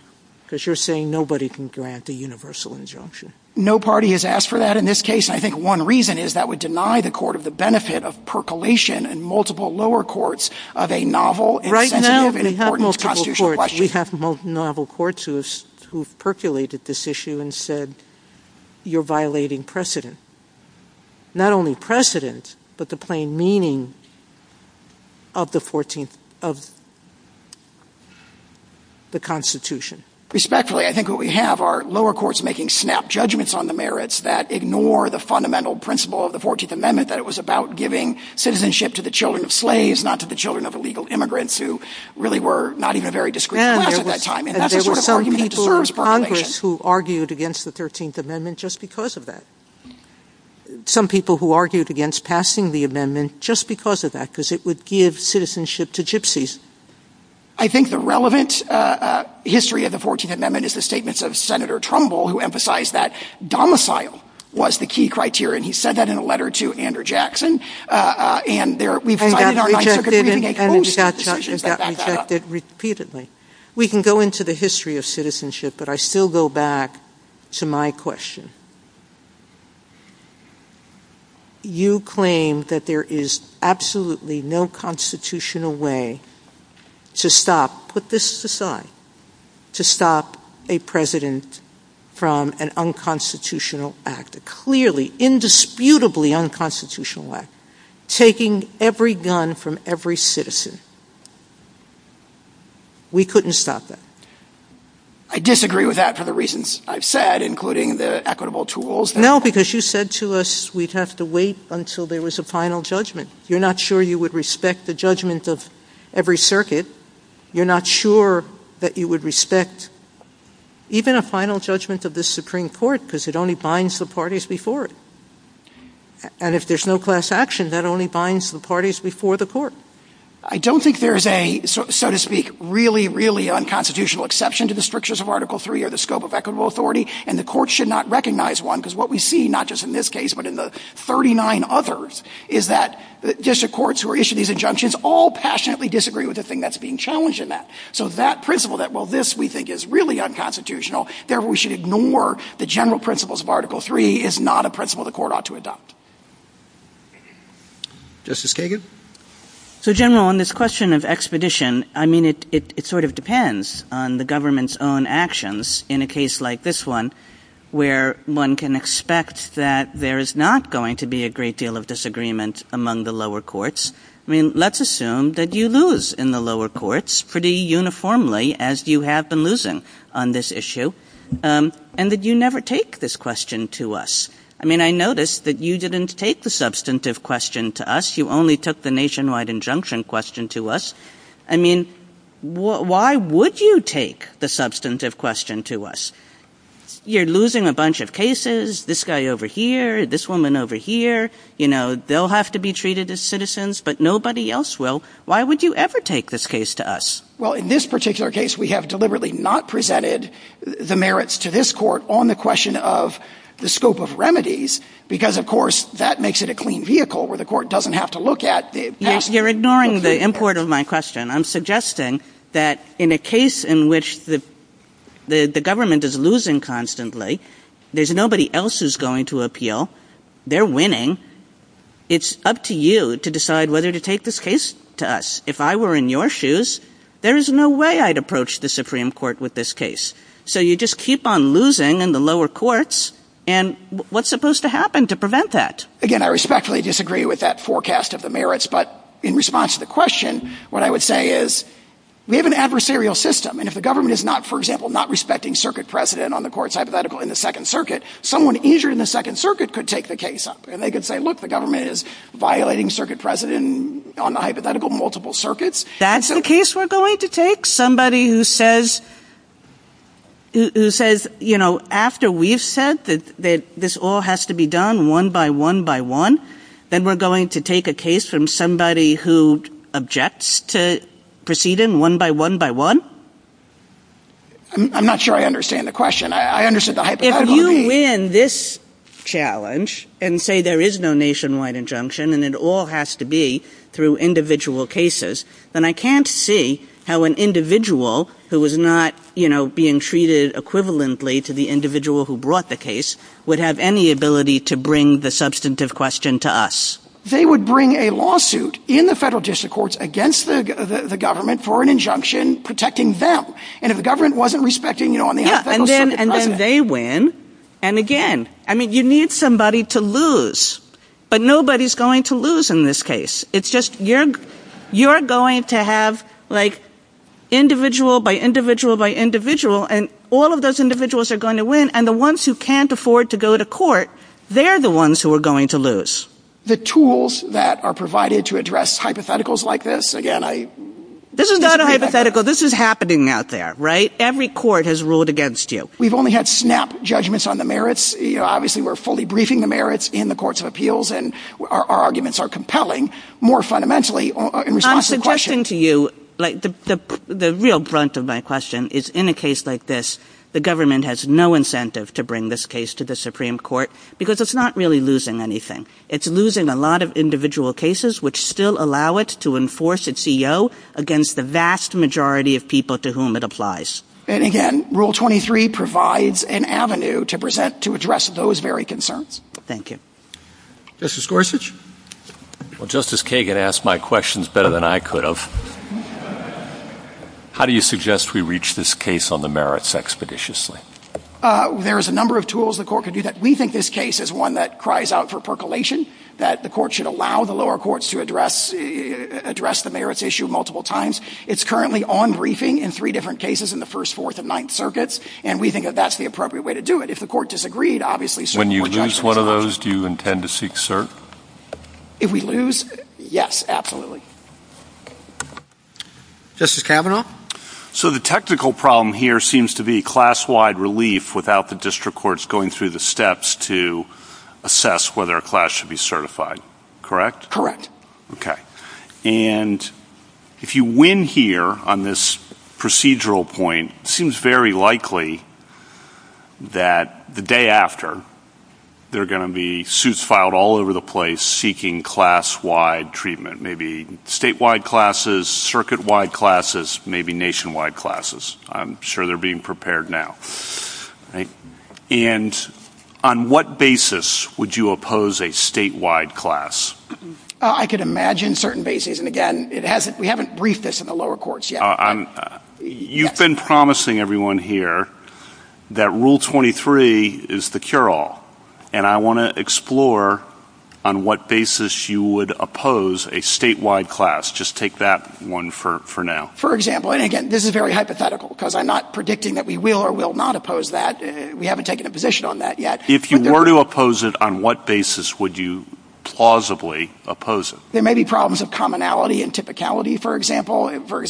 Because you're saying nobody can grant a universal injunction. No party has asked for that in this case. And I think one reason is that would deny the court of the benefit of percolation in multiple lower courts of a novel... Right now we have multiple courts who have percolated this issue and said you're violating precedent. Not only precedent, but the plain meaning of the Constitution. Respectfully, I think what we have are lower courts making snap judgments on the merits that ignore the fundamental principle of the 14th Amendment that it was about giving citizenship to the children of slaves, not to the children of illegal immigrants, who really were not even a very discreet class at that time. There were some people in Congress who argued against the 13th Amendment just because of that. Some people who argued against passing the amendment just because of that, because it would give citizenship to gypsies. I think the relevant history of the 14th Amendment is the statements of Senator Trumbull who emphasized that domicile was the key criterion. He said that in a letter to Andrew Jackson, and there... And that was rejected repeatedly. We can go into the history of citizenship, but I still go back to my question. You claim that there is absolutely no constitutional way to stop, put this aside, to stop a president from an unconstitutional act, a clearly, indisputably unconstitutional act, taking every gun from every citizen. We couldn't stop that. I disagree with that for the reasons I've said, including the equitable tools. No, because you said to us we'd have to wait until there was a final judgment. You're not sure you would respect the judgment of every circuit. You're not sure that you would respect even a final judgment of this Supreme Court because it only binds the parties before it. And if there's no class action, that only binds the parties before the court. I don't think there's a, so to speak, really, really unconstitutional exception to the strictures of Article III or the scope of equitable authority, and the court should not recognize one because what we see, not just in this case, but in the 39 others, is that district courts who are issued these injunctions all passionately disagree with the thing that's being challenged in that. So that principle that, well, this we think is really unconstitutional, therefore we should ignore the general principles of Article III, is not a principle the court ought to adopt. Justice Kagan? So, General, on this question of expedition, I mean, it sort of depends on the government's own actions in a case like this one where one can expect that there is not going to be a great deal of disagreement among the lower courts. I mean, let's assume that you lose in the lower courts pretty uniformly, as you have been losing on this issue, and that you never take this question to us. I mean, I notice that you didn't take the substantive question to us. You only took the nationwide injunction question to us. I mean, why would you take the substantive question to us? You're losing a bunch of cases, this guy over here, this woman over here, you know, they'll have to be treated as citizens, but nobody else will. Why would you ever take this case to us? Well, in this particular case, we have deliberately not presented the merits to this court on the question of the scope of remedies, because, of course, that makes it a clean vehicle where the court doesn't have to look at. You're ignoring the import of my question. I'm suggesting that in a case in which the government is losing constantly, there's nobody else who's going to appeal. They're winning. It's up to you to decide whether to take this case to us. If I were in your shoes, there is no way I'd approach the Supreme Court with this case. So you just keep on losing in the lower courts, and what's supposed to happen to prevent that? Again, I respectfully disagree with that forecast of the merits, but in response to the question, what I would say is we have an adversarial system, and if the government is not, for example, not respecting circuit precedent on the court's hypothetical in the Second Circuit, someone injured in the Second Circuit could take the case up, and they could say, look, the government is violating circuit precedent on the hypothetical multiple circuits. That's the case we're going to take? Somebody who says, you know, after we've said that this all has to be done one by one by one, then we're going to take a case from somebody who objects to proceeding one by one by one? I'm not sure I understand the question. If you win this challenge and say there is no nationwide injunction and it all has to be through individual cases, then I can't see how an individual who is not, you know, being treated equivalently to the individual who brought the case would have any ability to bring the substantive question to us. They would bring a lawsuit in the federal district courts against the government for an injunction protecting them. And if the government wasn't respecting, you know, on the hypothetical circuit... Yeah, and then they win. And again, I mean, you need somebody to lose. But nobody's going to lose in this case. It's just you're going to have, like, individual by individual by individual, and all of those individuals are going to win, and the ones who can't afford to go to court, they're the ones who are going to lose. The tools that are provided to address hypotheticals like this, again, I... This is not a hypothetical. This is happening out there, right? Every court has ruled against you. We've only had snap judgments on the merits. Obviously, we're fully briefing the merits in the courts of appeals, and our arguments are compelling more fundamentally in response to the question. I'm suggesting to you, like, the real brunt of my question is in a case like this, the government has no incentive to bring this case to the Supreme Court because it's not really losing anything. It's losing a lot of individual cases which still allow it to enforce its E.O. against the vast majority of people to whom it applies. And again, Rule 23 provides an avenue to present to address those very concerns. Thank you. Justice Gorsuch? Well, Justice Kagan asked my questions better than I could have. How do you suggest we reach this case on the merits expeditiously? There is a number of tools the court could do that. We think this case is one that cries out for percolation, that the court should allow the lower courts to address the merits issue multiple times. It's currently on briefing in three different cases in the First, Fourth, and Ninth Circuits, and we think that that's the appropriate way to do it. If the court disagreed, obviously, Supreme Court judgment. When you lose one of those, do you intend to seek cert? If we lose, yes, absolutely. Justice Kavanaugh? So the technical problem here seems to be class-wide relief without the district courts going through the steps to assess whether a class should be certified, correct? Correct. Okay. And if you win here on this procedural point, it seems very likely that the day after, there are going to be suits filed all over the place seeking class-wide treatment, maybe statewide classes, circuit-wide classes, maybe nationwide classes. I'm sure they're being prepared now. And on what basis would you oppose a statewide class? I could imagine certain bases, and again, we haven't briefed this in the lower courts yet. You've been promising everyone here that Rule 23 is the cure-all, and I want to explore on what basis you would oppose a statewide class. Just take that one for now. For example, and again, this is very hypothetical because I'm not predicting that we will or will not oppose that. We haven't taken a position on that yet. If you were to oppose it, on what basis would you plausibly oppose it? There may be problems of commonality and typicality, for example. For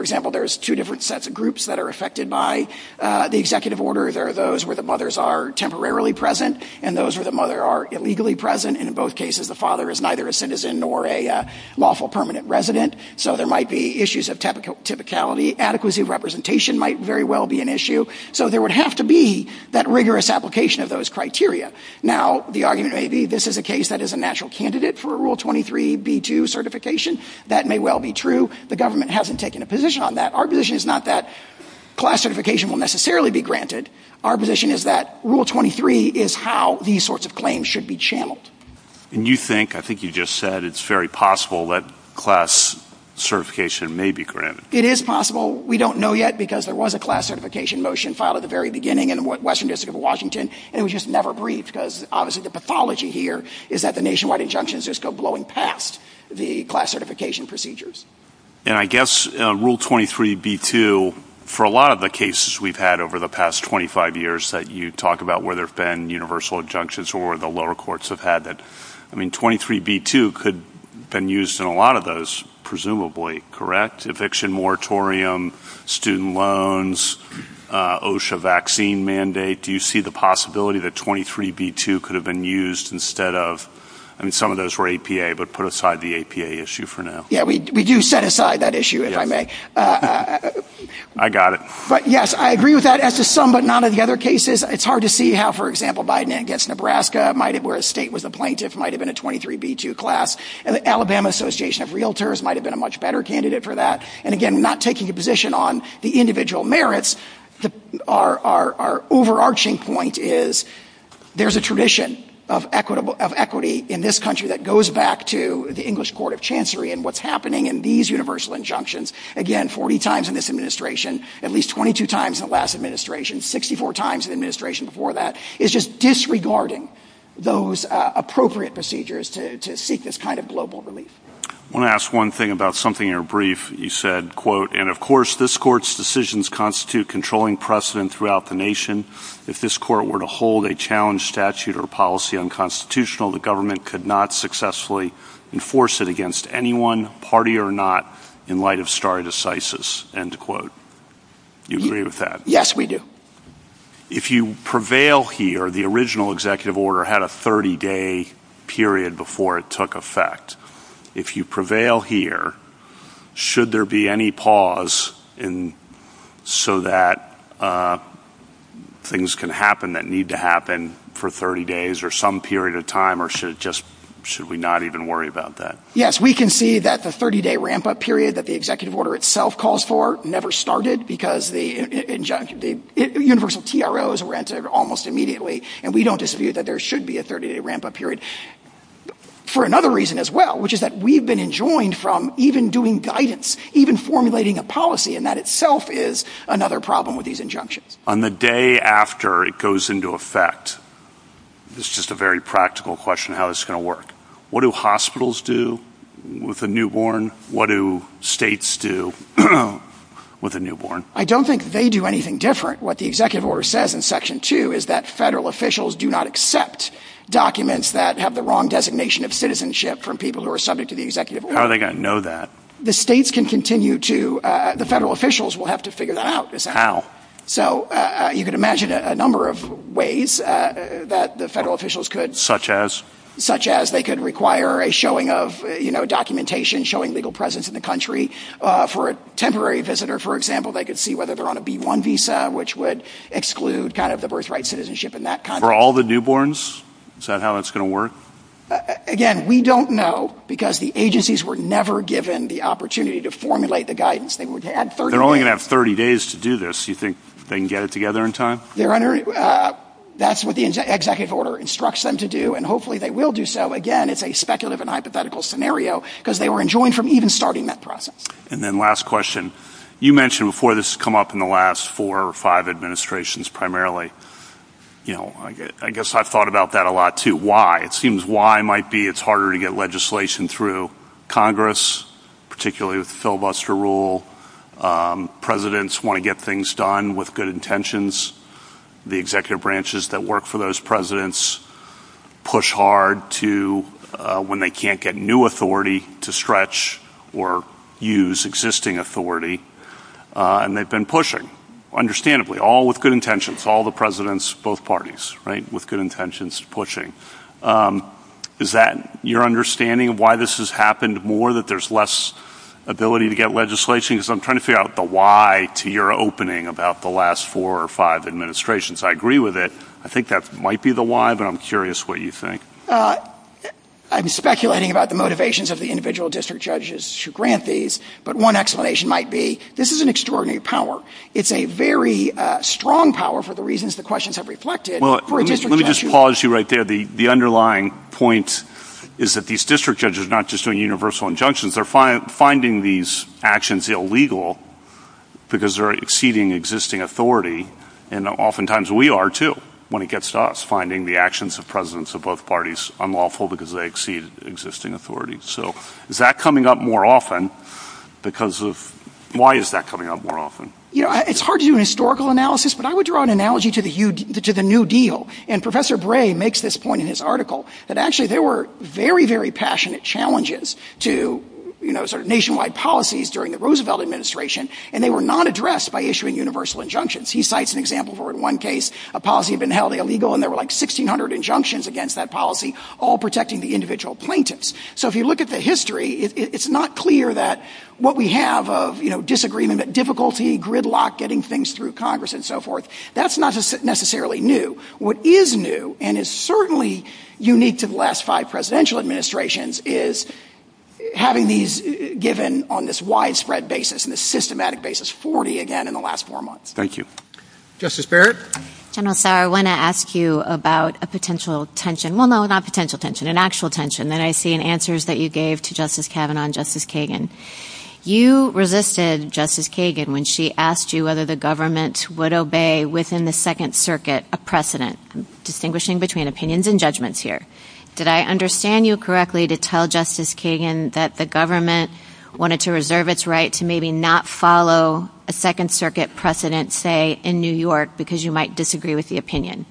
example, there's two different sets of groups that are affected by the executive order. There are those where the mothers are temporarily present and those where the mother are illegally present, and in both cases the father is neither a citizen nor a lawful permanent resident. So there might be issues of typicality. Adequacy of representation might very well be an issue. So there would have to be that rigorous application of those criteria. Now, the argument may be this is a case that is a natural candidate for a Rule 23b2 certification. That may well be true. The government hasn't taken a position on that. Our position is not that class certification will necessarily be granted. Our position is that Rule 23 is how these sorts of claims should be channeled. And you think, I think you just said, it's very possible that class certification may be granted. It is possible. We don't know yet because there was a class certification motion filed at the very beginning in the Western District of Washington, and it was just never briefed because obviously the pathology here is that the nationwide injunctions just go blowing past the class certification procedures. And I guess Rule 23b2, for a lot of the cases we've had over the past 25 years that you talk about where there have been universal injunctions or the lower courts have had that. I mean, 23b2 could have been used in a lot of those presumably, correct? Eviction moratorium, student loans, OSHA vaccine mandate. Do you see the possibility that 23b2 could have been used instead of, I mean, some of those were APA, but put aside the APA issue for now. Yeah, we do set aside that issue, if I may. I got it. But, yes, I agree with that. As to some but not all the other cases, it's hard to see how, for example, Biden against Nebraska, where a state was a plaintiff, might have been a 23b2 class. And the Alabama Association of Realtors might have been a much better candidate for that. And, again, not taking a position on the individual merits, our overarching point is there's a tradition of equity in this country that goes back to the English Court of Chancery and what's happening in these universal injunctions. Again, 40 times in this administration, at least 22 times in the last administration, 64 times in the administration before that. It's just disregarding those appropriate procedures to seek this kind of global relief. I want to ask one thing about something in your brief. You said, quote, and, of course, this court's decisions constitute controlling precedent throughout the nation. If this court were to hold a challenge statute or policy unconstitutional, the government could not successfully enforce it against anyone, party or not, in light of stare decisis, end quote. Do you agree with that? Yes, we do. If you prevail here, the original executive order had a 30-day period before it took effect. If you prevail here, should there be any pause so that things can happen that need to happen for 30 days or some period of time, or should we not even worry about that? Yes, we can see that the 30-day ramp-up period that the executive order itself calls for never started because the universal TROs were entered almost immediately, and we don't disagree that there should be a 30-day ramp-up period for another reason as well, which is that we've been enjoined from even doing guidance, even formulating a policy, and that itself is another problem with these injunctions. On the day after it goes into effect, this is just a very practical question of how it's going to work. What do hospitals do with a newborn? What do states do with a newborn? I don't think they do anything different. What the executive order says in Section 2 is that federal officials do not accept documents that have the wrong designation of citizenship from people who are subject to the executive order. How are they going to know that? The states can continue to, the federal officials will have to figure that out. How? You can imagine a number of ways that the federal officials could. Such as? Such as they could require a showing of documentation, showing legal presence in the country. For a temporary visitor, for example, they could see whether they're on a B-1 visa, which would exclude the birthright citizenship and that kind of thing. For all the newborns, is that how it's going to work? Again, we don't know because the agencies were never given the opportunity to formulate the guidance. They're only going to have 30 days to do this. You think they can get it together in time? That's what the executive order instructs them to do, and hopefully they will do so. Again, it's a speculative and hypothetical scenario because they were enjoined from even starting that process. And then last question. You mentioned before this has come up in the last four or five administrations primarily. I guess I've thought about that a lot too. Why? It seems why might be it's harder to get legislation through Congress, particularly with the filibuster rule. Presidents want to get things done with good intentions. The executive branches that work for those presidents push hard when they can't get new authority to stretch or use existing authority, and they've been pushing, understandably, all with good intentions. All the presidents, both parties, right, with good intentions pushing. Is that your understanding of why this has happened more, that there's less ability to get legislation? Because I'm trying to figure out the why to your opening about the last four or five administrations. I agree with it. I think that might be the why, but I'm curious what you think. I'm speculating about the motivations of the individual district judges to grant these, but one explanation might be this is an extraordinary power. It's a very strong power for the reasons the questions have reflected. Let me just pause you right there. The underlying point is that these district judges are not just doing universal injunctions. They're finding these actions illegal because they're exceeding existing authority, and oftentimes we are too when it gets to us, finding the actions of presidents of both parties unlawful because they exceed existing authority. Is that coming up more often? Why is that coming up more often? It's hard to do an historical analysis, but I would draw an analogy to the New Deal, and Professor Bray makes this point in his article that actually there were very, very passionate challenges to nationwide policies during the Roosevelt administration, and they were not addressed by issuing universal injunctions. He cites an example where in one case a policy had been held illegal, and there were like 1,600 injunctions against that policy, all protecting the individual plaintiffs. So if you look at the history, it's not clear that what we have of disagreement, difficulty, gridlock, getting things through Congress and so forth, that's not necessarily new. What is new and is certainly unique to the last five presidential administrations is having these given on this widespread basis and this systematic basis, 40 again in the last four months. Thank you. Justice Barrett? General Sauer, I want to ask you about a potential tension. Well, no, not a potential tension, an actual tension that I see in answers that you gave to Justice Kavanaugh and Justice Kagan. You resisted Justice Kagan when she asked you whether the government would obey within the Second Circuit a precedent, distinguishing between opinions and judgments here. Did I understand you correctly to tell Justice Kagan that the government wanted to reserve its right to maybe not follow a Second Circuit precedent, say, in New York because you might disagree with the opinion?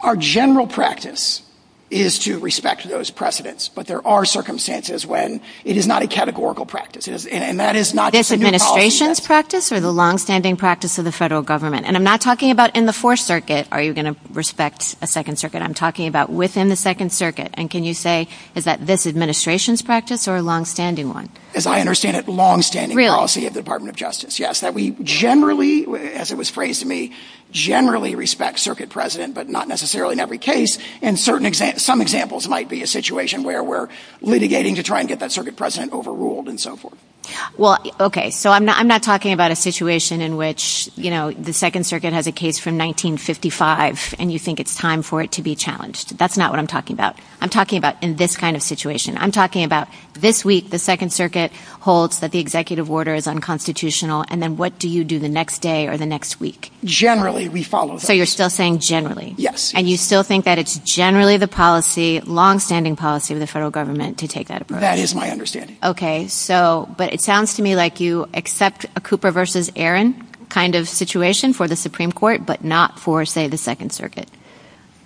Our general practice is to respect those precedents. But there are circumstances when it is not a categorical practice, and that is not just a new policy. This administration's practice or the longstanding practice of the federal government? And I'm not talking about in the Fourth Circuit are you going to respect a Second Circuit. I'm talking about within the Second Circuit. And can you say is that this administration's practice or a longstanding one? As I understand it, longstanding policy of the Department of Justice. Yes, that we generally, as it was phrased to me, generally respect Circuit precedent, but not necessarily in every case. And some examples might be a situation where we're litigating to try and get that Circuit precedent overruled and so forth. Well, okay. So I'm not talking about a situation in which, you know, the Second Circuit has a case from 1955 and you think it's time for it to be challenged. That's not what I'm talking about. I'm talking about in this kind of situation. I'm talking about this week the Second Circuit holds that the executive order is unconstitutional, and then what do you do the next day or the next week? Generally, we follow that. So you're still saying generally? Yes. And you still think that it's generally the policy, longstanding policy of the federal government to take that approach? That is my understanding. Okay. So, but it sounds to me like you accept a Cooper v. Aaron kind of situation for the Supreme Court, but not for, say, the Second Circuit.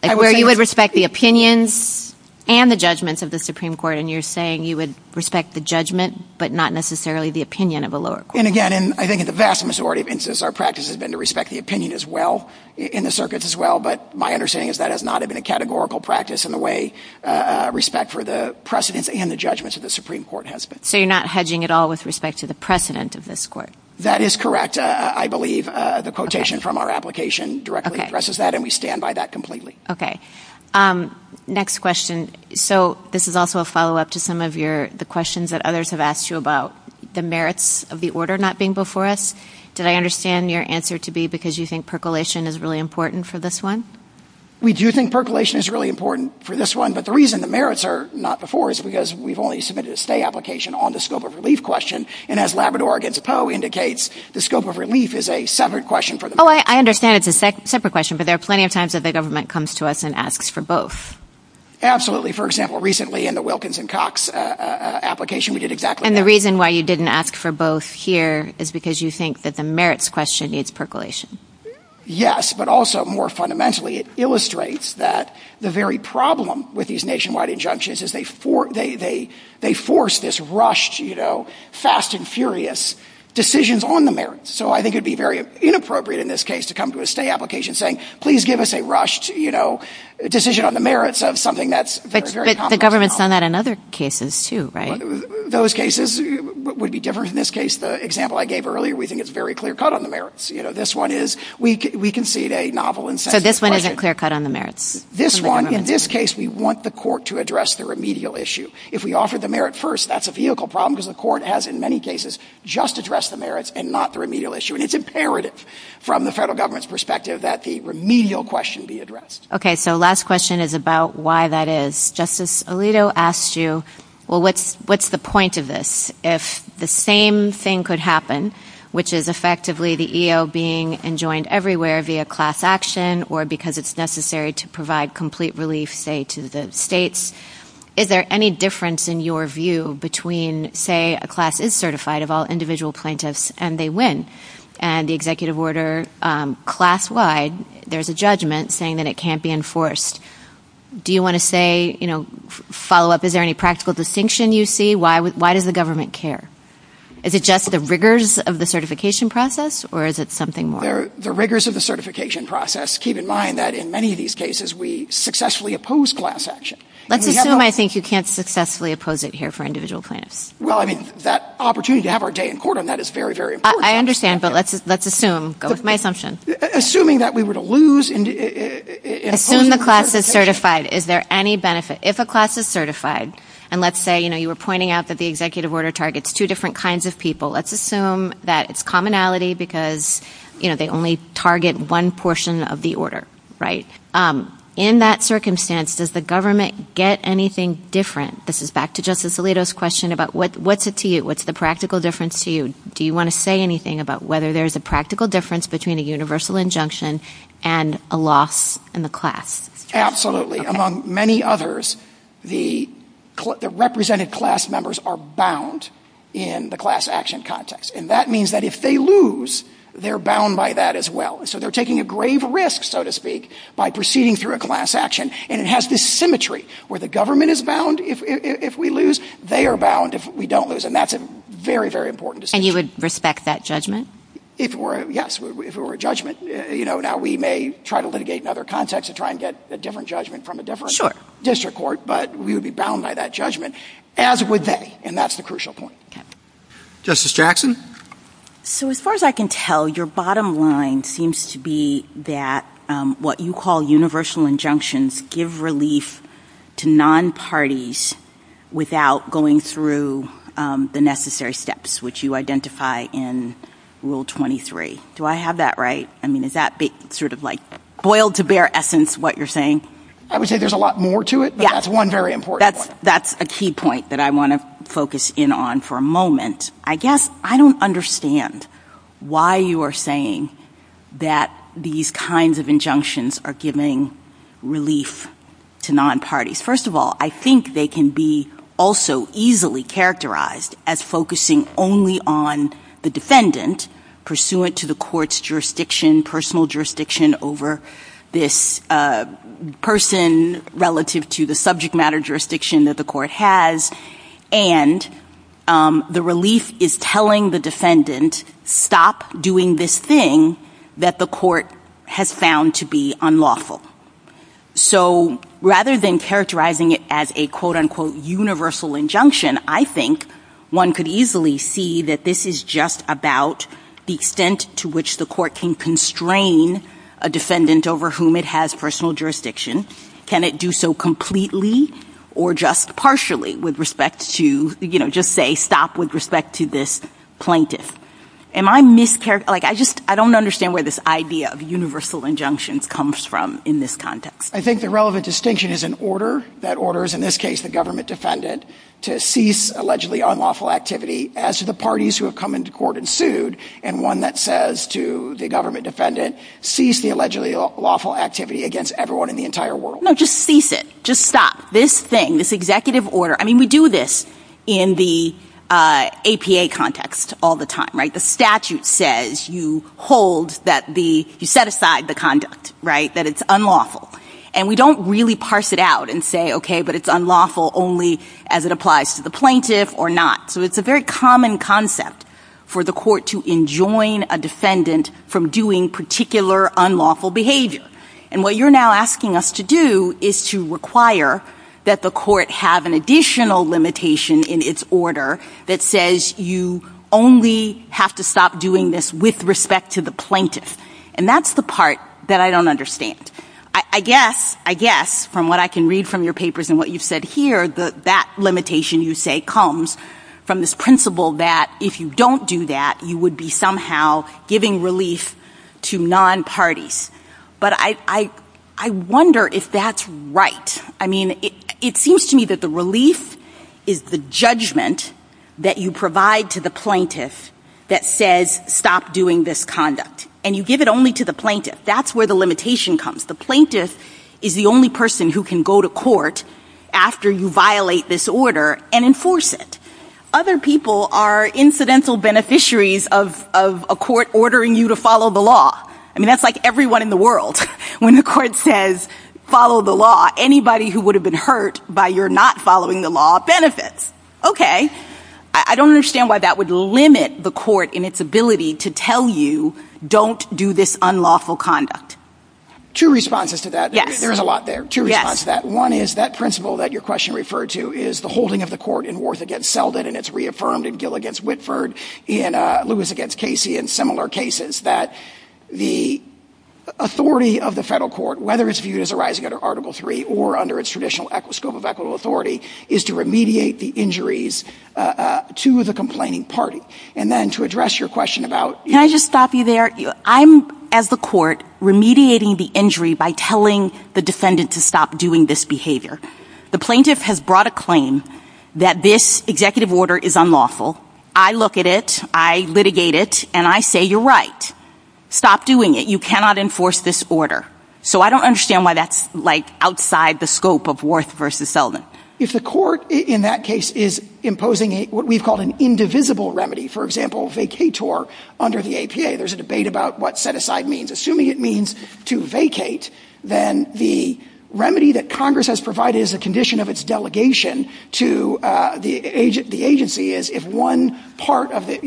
Where you would respect the opinions and the judgments of the Supreme Court, and you're saying you would respect the judgment but not necessarily the opinion of a lower court. And, again, I think the vast majority of instances our practice has been to respect the opinion as well, in the Circuit as well, but my understanding is that has not been a categorical practice in the way respect for the precedents and the judgments of the Supreme Court has been. So you're not hedging at all with respect to the precedent of this Court? That is correct, I believe. The quotation from our application directly addresses that, and we stand by that completely. Next question. So this is also a follow-up to some of the questions that others have asked you about the merits of the order not being before us. Did I understand your answer to be because you think percolation is really important for this one? We do think percolation is really important for this one, but the reason the merits are not before us is because we've only submitted a stay application on the scope of relief question, and as Labrador against Poe indicates, the scope of relief is a separate question for them. Oh, I understand it's a separate question, but there are plenty of times that the government comes to us and asks for both. Absolutely. For example, recently in the Wilkins and Cox application we did exactly that. And the reason why you didn't ask for both here is because you think that the merits question needs percolation. Yes, but also more fundamentally it illustrates that the very problem with these nationwide injunctions is they force this rushed, fast and furious decisions on the merits. So I think it would be very inappropriate in this case to come to a stay application saying, please give us a rushed decision on the merits of something that's very complicated. But the government's done that in other cases too, right? Those cases would be different. In this case, the example I gave earlier, we think it's very clear-cut on the merits. This one is, we can see it a novel and sensitive question. So this one is a clear-cut on the merits? This one, in this case, we want the court to address the remedial issue. If we offered the merit first, that's a vehicle problem because the court has, in many cases, just addressed the merits and not the remedial issue. And it's imperative from the federal government's perspective that the remedial question be addressed. Okay, so last question is about why that is. Justice Alito asked you, well, what's the point of this? If the same thing could happen, which is effectively the EO being enjoined everywhere via class action or because it's necessary to provide complete relief, say, to the states, is there any difference in your view between, say, a class is certified of all individual plaintiffs and they win, and the executive order class-wide, there's a judgment saying that it can't be enforced. Do you want to say, you know, follow-up, is there any practical distinction you see? Why does the government care? Is it just the rigors of the certification process or is it something more? The rigors of the certification process, keep in mind that in many of these cases, we successfully oppose class action. Let's assume, I think, you can't successfully oppose it here for individual plaintiffs. Well, I mean, that opportunity to have our day in court on that is very, very important. I understand, but let's assume, go with my assumption. Assuming that we were to lose in a- Assume the class is certified. Is there any benefit if a class is certified? And let's say, you know, you were pointing out that the executive order targets two different kinds of people. Let's assume that it's commonality because, you know, they only target one portion of the order, right? In that circumstance, does the government get anything different? This is back to Justice Alito's question about what's it to you? What's the practical difference to you? Do you want to say anything about whether there's a practical difference between a universal injunction and a loss in the class? Absolutely. Among many others, the represented class members are bound in the class action context. And that means that if they lose, they're bound by that as well. So they're taking a grave risk, so to speak, by proceeding through a class action. And it has this symmetry where the government is bound if we lose, they are bound if we don't lose. And that's a very, very important distinction. And you would respect that judgment? Yes, if it were a judgment. You know, now we may try to litigate in other contexts to try and get a different judgment from a different district court, but we would be bound by that judgment, as would they. And that's the crucial point. Justice Jackson? So as far as I can tell, your bottom line seems to be that what you call universal injunctions give relief to non-parties without going through the necessary steps, which you identify in Rule 23. Do I have that right? I mean, is that sort of like boiled to bare essence what you're saying? I would say there's a lot more to it, but that's one very important one. That's a key point that I want to focus in on for a moment. I guess I don't understand why you are saying that these kinds of injunctions are giving relief to non-parties. First of all, I think they can be also easily characterized as focusing only on the defendant, pursuant to the court's jurisdiction, personal jurisdiction, over this person relative to the subject matter jurisdiction that the court has, and the relief is telling the defendant, stop doing this thing that the court has found to be unlawful. So rather than characterizing it as a quote-unquote universal injunction, I think one could easily see that this is just about the extent to which the court can constrain a defendant over whom it has personal jurisdiction. Can it do so completely or just partially with respect to, you know, just say stop with respect to this plaintiff? I don't understand where this idea of universal injunction comes from in this context. I think the relevant distinction is an order that orders, in this case, the government defendant to cease allegedly unlawful activity as to the parties who have come into court and sued, and one that says to the government defendant, cease the allegedly lawful activity against everyone in the entire world. No, just cease it. Just stop. This thing, this executive order. I mean, we do this in the APA context all the time, right? The statute says you hold that the, you set aside the conduct, right, that it's unlawful, and we don't really parse it out and say, okay, but it's unlawful only as it applies to the plaintiff or not. So it's a very common concept for the court to enjoin a defendant from doing particular unlawful behavior, and what you're now asking us to do is to require that the court have an additional limitation in its order that says you only have to stop doing this with respect to the plaintiff, and that's the part that I don't understand. I guess, I guess, from what I can read from your papers and what you've said here, that limitation you say comes from this principle that if you don't do that, you would be somehow giving relief to non-parties, but I wonder if that's right. I mean, it seems to me that the relief is the judgment that you provide to the plaintiff that says stop doing this conduct, and you give it only to the plaintiff. That's where the limitation comes. The plaintiff is the only person who can go to court after you violate this order and enforce it. Other people are incidental beneficiaries of a court ordering you to follow the law. I mean, that's like everyone in the world. When the court says follow the law, anybody who would have been hurt by your not following the law benefits. Okay. I don't understand why that would limit the court in its ability to tell you don't do this unlawful conduct. Two responses to that. There's a lot there. Two responses to that. One is that principle that your question referred to is the holding of the court in wars against Selden, and it's reaffirmed in Gill v. Whitford, Lewis v. Casey, and similar cases, that the authority of the federal court, whether it's viewed as arising under Article III or under its traditional scope of equitable authority, is to remediate the injuries to the complaining party. And then to address your question about... Can I just stop you there? I'm, as the court, remediating the injury by telling the defendant to stop doing this behavior. The plaintiff has brought a claim that this executive order is unlawful. I look at it. I litigate it. And I say you're right. Stop doing it. You cannot enforce this order. So I don't understand why that's, like, outside the scope of Warth v. Selden. If the court in that case is imposing what we've called an indivisible remedy, for example, vacator under the APA, there's a debate about what set-aside means. Assuming it means to vacate, then the remedy that Congress has provided as a condition of its delegation to the agency is if one part of the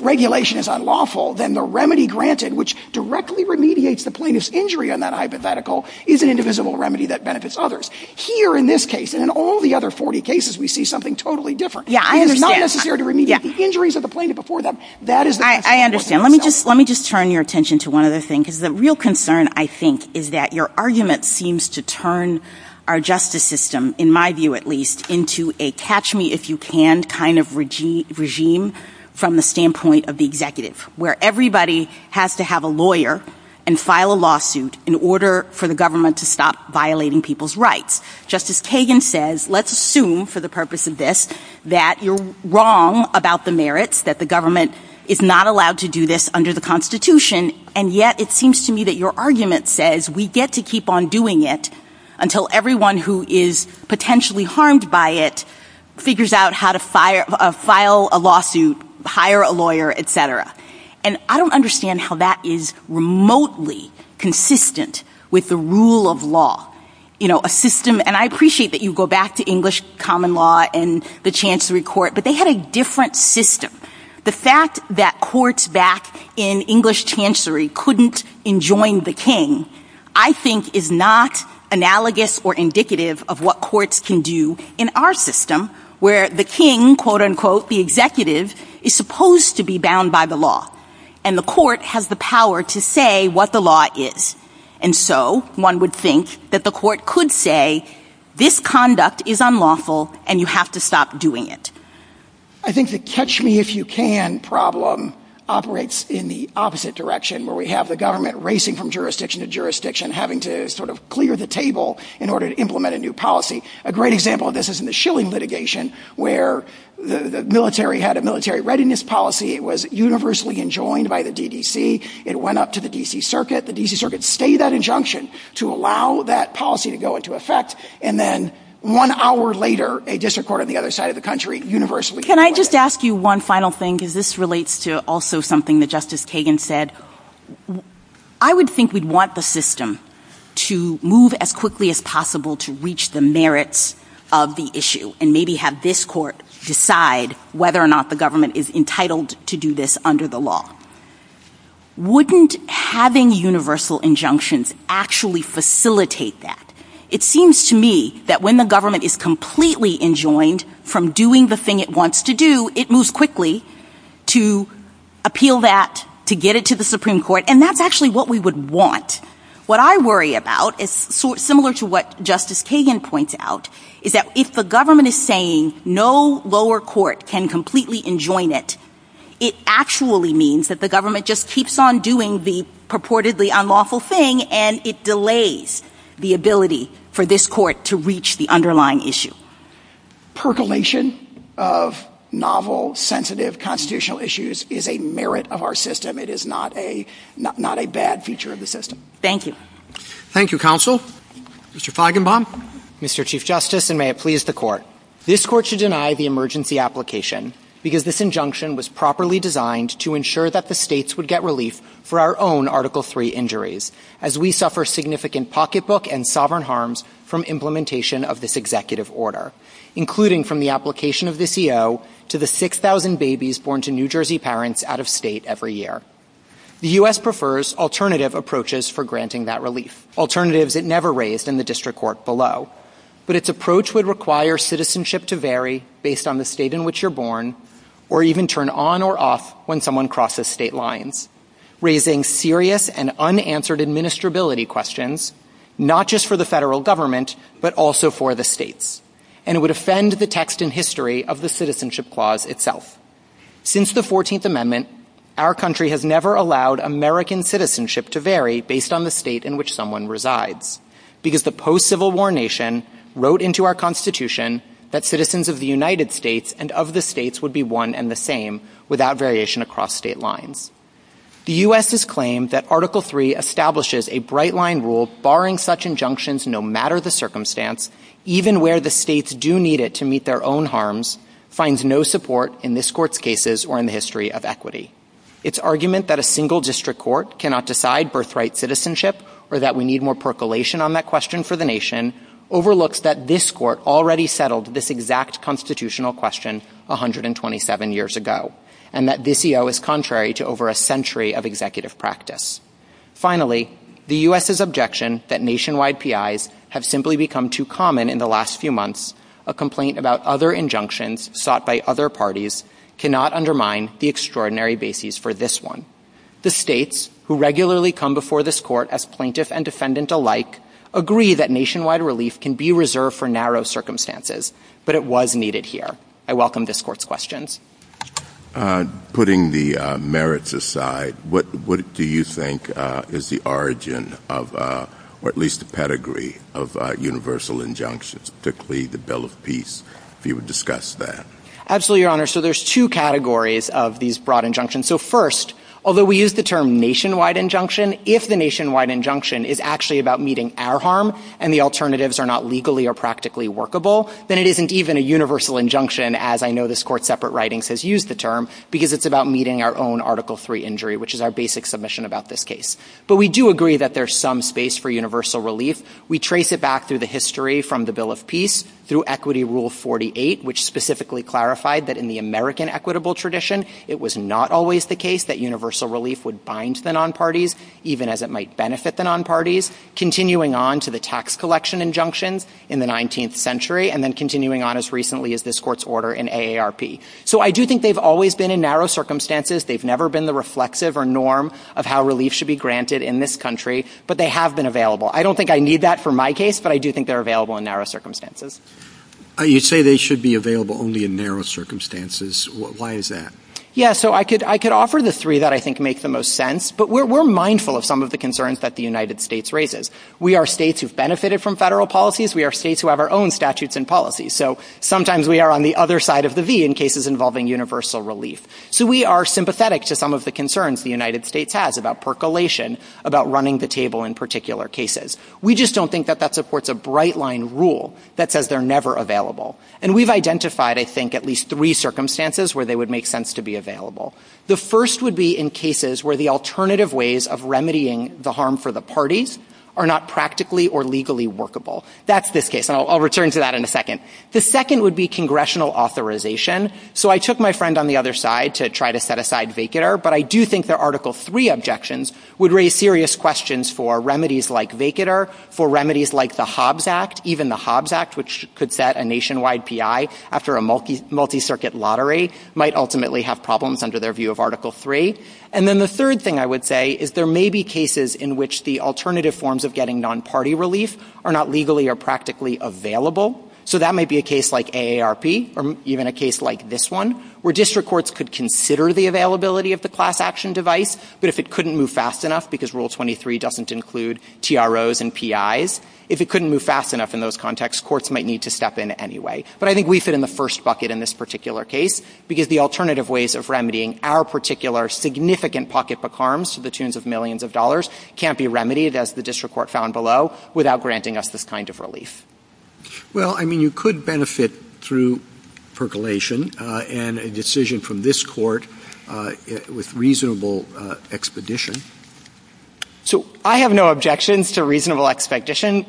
regulation is unlawful, then the remedy granted, which directly remediates the plaintiff's injury on that hypothetical, is an indivisible remedy that benefits others. Here in this case, and in all the other 40 cases, we see something totally different. It is not necessary to remediate the injuries of the plaintiff before them. I understand. Let me just turn your attention to one other thing, because the real concern, I think, is that your argument seems to turn our justice system, in my view at least, into a catch-me-if-you-can kind of regime from the standpoint of the executive, where everybody has to have a lawyer and file a lawsuit in order for the government to stop violating people's rights. Justice Kagan says let's assume, for the purpose of this, that you're wrong about the merits that the government is not allowed to do this under the Constitution, and yet it seems to me that your argument says we get to keep on doing it until everyone who is potentially harmed by it figures out how to file a lawsuit, hire a lawyer, etc. I don't understand how that is remotely consistent with the rule of law. I appreciate that you go back to English common law and the Chancery Court, but they had a different system. The fact that courts back in English Chancery couldn't enjoin the king, I think, is not analogous or indicative of what courts can do in our system, where the king, quote-unquote, the executive, is supposed to be bound by the law, and the court has the power to say what the law is. One would think that the court could say this conduct is unlawful and you have to stop doing it. I think the catch-me-if-you-can problem operates in the opposite direction, where we have the government racing from jurisdiction to jurisdiction, having to clear the table in order to implement a new policy. A great example of this is in the Schilling litigation, where the military had a military readiness policy. It was universally enjoined by the DDC. It went up to the D.C. Circuit. The D.C. Circuit stayed that injunction to allow that policy to go into effect, and then one hour later, a district court on the other side of the country universally... Can I just ask you one final thing? Because this relates to also something that Justice Kagan said. I would think we'd want the system to move as quickly as possible to reach the merits of the issue and maybe have this court decide whether or not the government is entitled to do this under the law. Wouldn't having universal injunctions actually facilitate that? It seems to me that when the government is completely enjoined from doing the thing it wants to do, it moves quickly to appeal that, to get it to the Supreme Court, and that's actually what we would want. What I worry about, similar to what Justice Kagan points out, is that if the government is saying no lower court can completely enjoin it, it actually means that the government just keeps on doing the purportedly unlawful thing and it delays the ability for this court to reach the underlying issue. Percolation of novel, sensitive, constitutional issues is a merit of our system. It is not a bad feature of the system. Thank you. Thank you, Counsel. Mr. Feigenbaum. Mr. Chief Justice, and may it please the Court. This Court should deny the emergency application because this injunction was properly designed to ensure that the states would get relief for our own Article III injuries, as we suffer significant pocketbook and sovereign harms from implementation of this executive order, including from the application of this EO to the 6,000 babies born to New Jersey parents out of state every year. The U.S. prefers alternative approaches for granting that relief, alternatives it never raised in the district court below, but its approach would require citizenship to vary based on the state in which you're born or even turn on or off when someone crosses state lines, raising serious and unanswered administrability questions, not just for the federal government but also for the states, and it would offend the text and history of the Citizenship Clause itself. Since the 14th Amendment, our country has never allowed American citizenship to vary based on the state in which someone resides because the post-Civil War nation wrote into our Constitution that citizens of the United States and of the states would be one and the same, without variation across state lines. The U.S.'s claim that Article III establishes a bright-line rule barring such injunctions, no matter the circumstance, even where the states do need it to meet their own harms, finds no support in this Court's cases or in the history of equity. Its argument that a single district court cannot decide birthright citizenship or that we need more percolation on that question for the nation overlooks that this Court already settled this exact constitutional question 127 years ago and that this EO is contrary to over a century of executive practice. Finally, the U.S.'s objection that nationwide PIs have simply become too common in the last few months, a complaint about other injunctions sought by other parties, cannot undermine the extraordinary basis for this one. The states, who regularly come before this Court as plaintiffs and defendants alike, agree that nationwide relief can be reserved for narrow circumstances, but it was needed here. I welcome this Court's questions. Putting the merits aside, what do you think is the origin of, or at least the pedigree, of universal injunctions, particularly the Bill of Peace, if you would discuss that? Absolutely, Your Honor. So there's two categories of these broad injunctions. So first, although we use the term nationwide injunction, if the nationwide injunction is actually about meeting our harm and the alternatives are not legally or practically workable, then it isn't even a universal injunction, as I know this Court's separate writings has used the term, because it's about meeting our own Article III injury, which is our basic submission about this case. But we do agree that there's some space for universal relief. We trace it back through the history from the Bill of Peace through Equity Rule 48, which specifically clarified that in the American equitable tradition, it was not always the case that universal relief would bind the nonparties, even as it might benefit the nonparties, continuing on to the tax collection injunctions in the 19th century and then continuing on as recently as this Court's order in AARP. So I do think they've always been in narrow circumstances. They've never been the reflexive or norm of how relief should be granted in this country, but they have been available. I don't think I need that for my case, but I do think they're available in narrow circumstances. You say they should be available only in narrow circumstances. Why is that? Yeah, so I could offer the three that I think make the most sense, but we're mindful of some of the concerns that the United States raises. We are states who've benefited from federal policies. We are states who have our own statutes and policies. So sometimes we are on the other side of the V in cases involving universal relief. So we are sympathetic to some of the concerns the United States has about percolation, about running the table in particular cases. We just don't think that that supports a bright-line rule that says they're never available. And we've identified, I think, at least three circumstances where they would make sense to be available. The first would be in cases where the alternative ways of remedying the harm for the parties are not practically or legally workable. That's this case. And I'll return to that in a second. The second would be congressional authorization. So I took my friend on the other side to try to set aside vehicular, but I do think that Article III objections would raise serious questions for remedies like vehicular, for remedies like the Hobbs Act. Even the Hobbs Act, which could set a nationwide PI after a multi-circuit lottery, might ultimately have problems under their view of Article III. And then the third thing I would say is there may be cases in which the alternative forms of getting non-party relief are not legally or practically available. So that might be a case like AARP or even a case like this one, where district courts could consider the availability of the class action device, but if it couldn't move fast enough, because Rule 23 doesn't include TROs and PIs, if it couldn't move fast enough in those contexts, courts might need to step in anyway. But I think we fit in the first bucket in this particular case because the alternative ways of remedying our particular significant pocketbook harms to the tunes of millions of dollars can't be remedied, as the district court found below, without granting us this kind of relief. Well, I mean, you could benefit through percolation and a decision from this court with reasonable expedition. So I have no objections to reasonable expedition.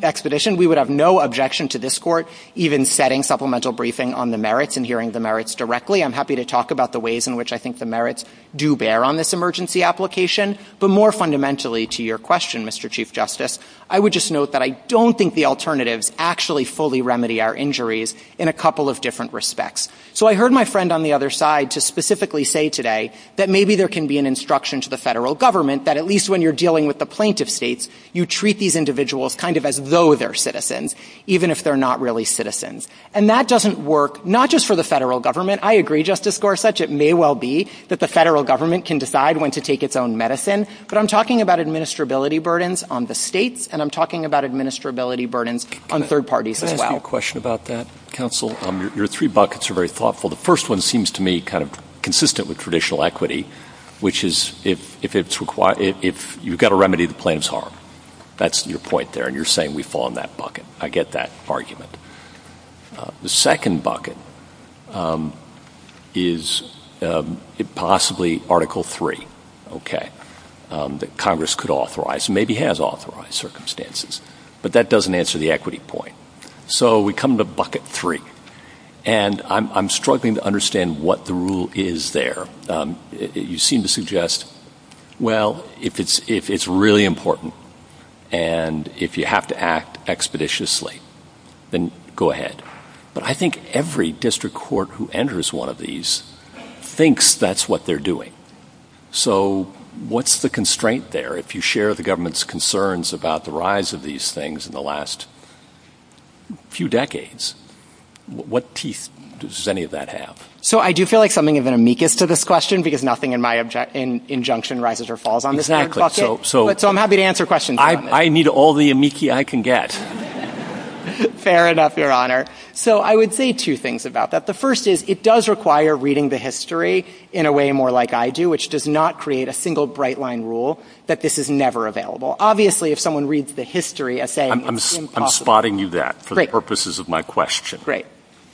We would have no objection to this court even setting supplemental briefing on the merits and hearing the merits directly. I'm happy to talk about the ways in which I think the merits do bear on this emergency application. But more fundamentally to your question, Mr. Chief Justice, I would just note that I don't think the alternatives actually fully remedy our injuries in a couple of different respects. So I heard my friend on the other side just specifically say today that maybe there can be an instruction to the federal government that at least when you're dealing with the plaintiff states, you treat these individuals kind of as though they're citizens, even if they're not really citizens. And that doesn't work not just for the federal government. I agree, Justice Gorsuch. It may well be that the federal government can decide when to take its own medicine. But I'm talking about administrability burdens on the states, and I'm talking about administrability burdens on third parties as well. Final question about that, counsel. Your three buckets are very thoughtful. The first one seems to me kind of consistent with traditional equity, which is if you've got to remedy the plaintiff's harm. That's your point there, and you're saying we fall in that bucket. I get that argument. The second bucket is possibly Article III that Congress could authorize and maybe has authorized circumstances. But that doesn't answer the equity point. So we come to bucket three. And I'm struggling to understand what the rule is there. You seem to suggest, well, if it's really important and if you have to act expeditiously, then go ahead. But I think every district court who enters one of these thinks that's what they're doing. So what's the constraint there? If you share the government's concerns about the rise of these things in the last few decades, what piece does any of that have? So I do feel like something is an amicus to this question because nothing in my injunction rises or falls on this third bucket. So I'm happy to answer questions. I need all the amicus I can get. Fair enough, Your Honor. So I would say two things about that. The first is it does require reading the history in a way more like I do, which does not create a single bright-line rule that this is never available. Obviously, if someone reads the history, I'm saying it's impossible. I'm spotting you that for the purposes of my question. Great.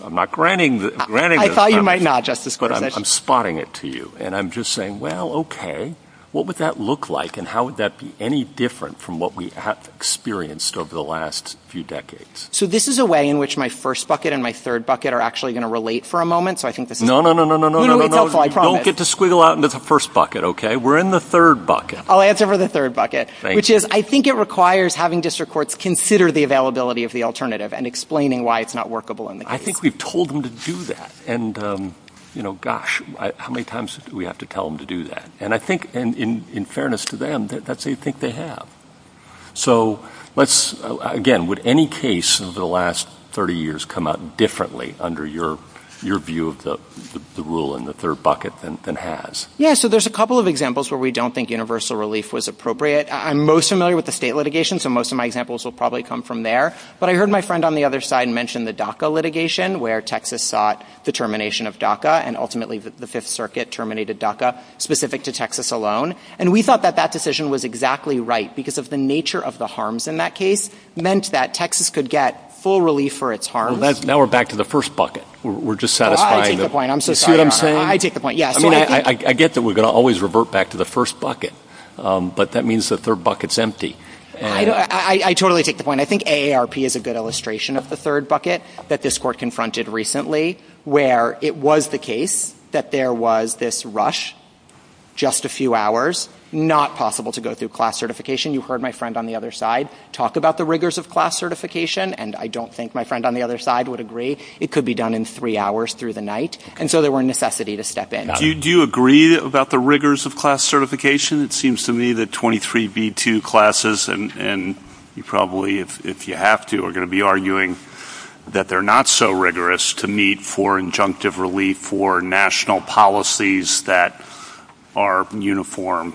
I'm not granting it. I thought you might not, Justice Goldman. But I'm spotting it to you. And I'm just saying, well, okay, what would that look like and how would that be any different from what we have experienced over the last few decades? So this is a way in which my first bucket and my third bucket are actually going to relate for a moment. No, no, no, no, no, no, no, no, no, no. Just squiggle out into the first bucket, okay? We're in the third bucket. I'll answer for the third bucket, which is, I think it requires having district courts consider the availability of the alternative and explaining why it's not workable in the case. I think we've told them to do that. And, you know, gosh, how many times do we have to tell them to do that? And I think, in fairness to them, that's what you think they have. So let's, again, would any case in the last 30 years come out differently under your view of the rule in the third bucket than has? Yeah, so there's a couple of examples where we don't think universal relief was appropriate. I'm most familiar with the state litigation, so most of my examples will probably come from there. But I heard my friend on the other side mention the DACA litigation, where Texas sought the termination of DACA, and ultimately the Fifth Circuit terminated DACA specific to Texas alone. And we thought that that decision was exactly right because of the nature of the harms in that case meant that Texas could get full relief for its harms. Now we're back to the first bucket. We're just satisfying the... I take the point. I'm so sorry. See what I'm saying? I take the point, yes. I get that we're going to always revert back to the first bucket, but that means the third bucket's empty. I totally take the point. I think AARP is a good illustration of the third bucket that this court confronted recently, where it was the case that there was this rush, just a few hours, not possible to go through class certification. You heard my friend on the other side talk about the rigors of class certification, and I don't think my friend on the other side would agree. It could be done in three hours through the night. And so there was a necessity to step in. Do you agree about the rigors of class certification? It seems to me that 23b2 classes, and you probably, if you have to, are going to be arguing that they're not so rigorous to meet for injunctive relief for national policies that are uniform.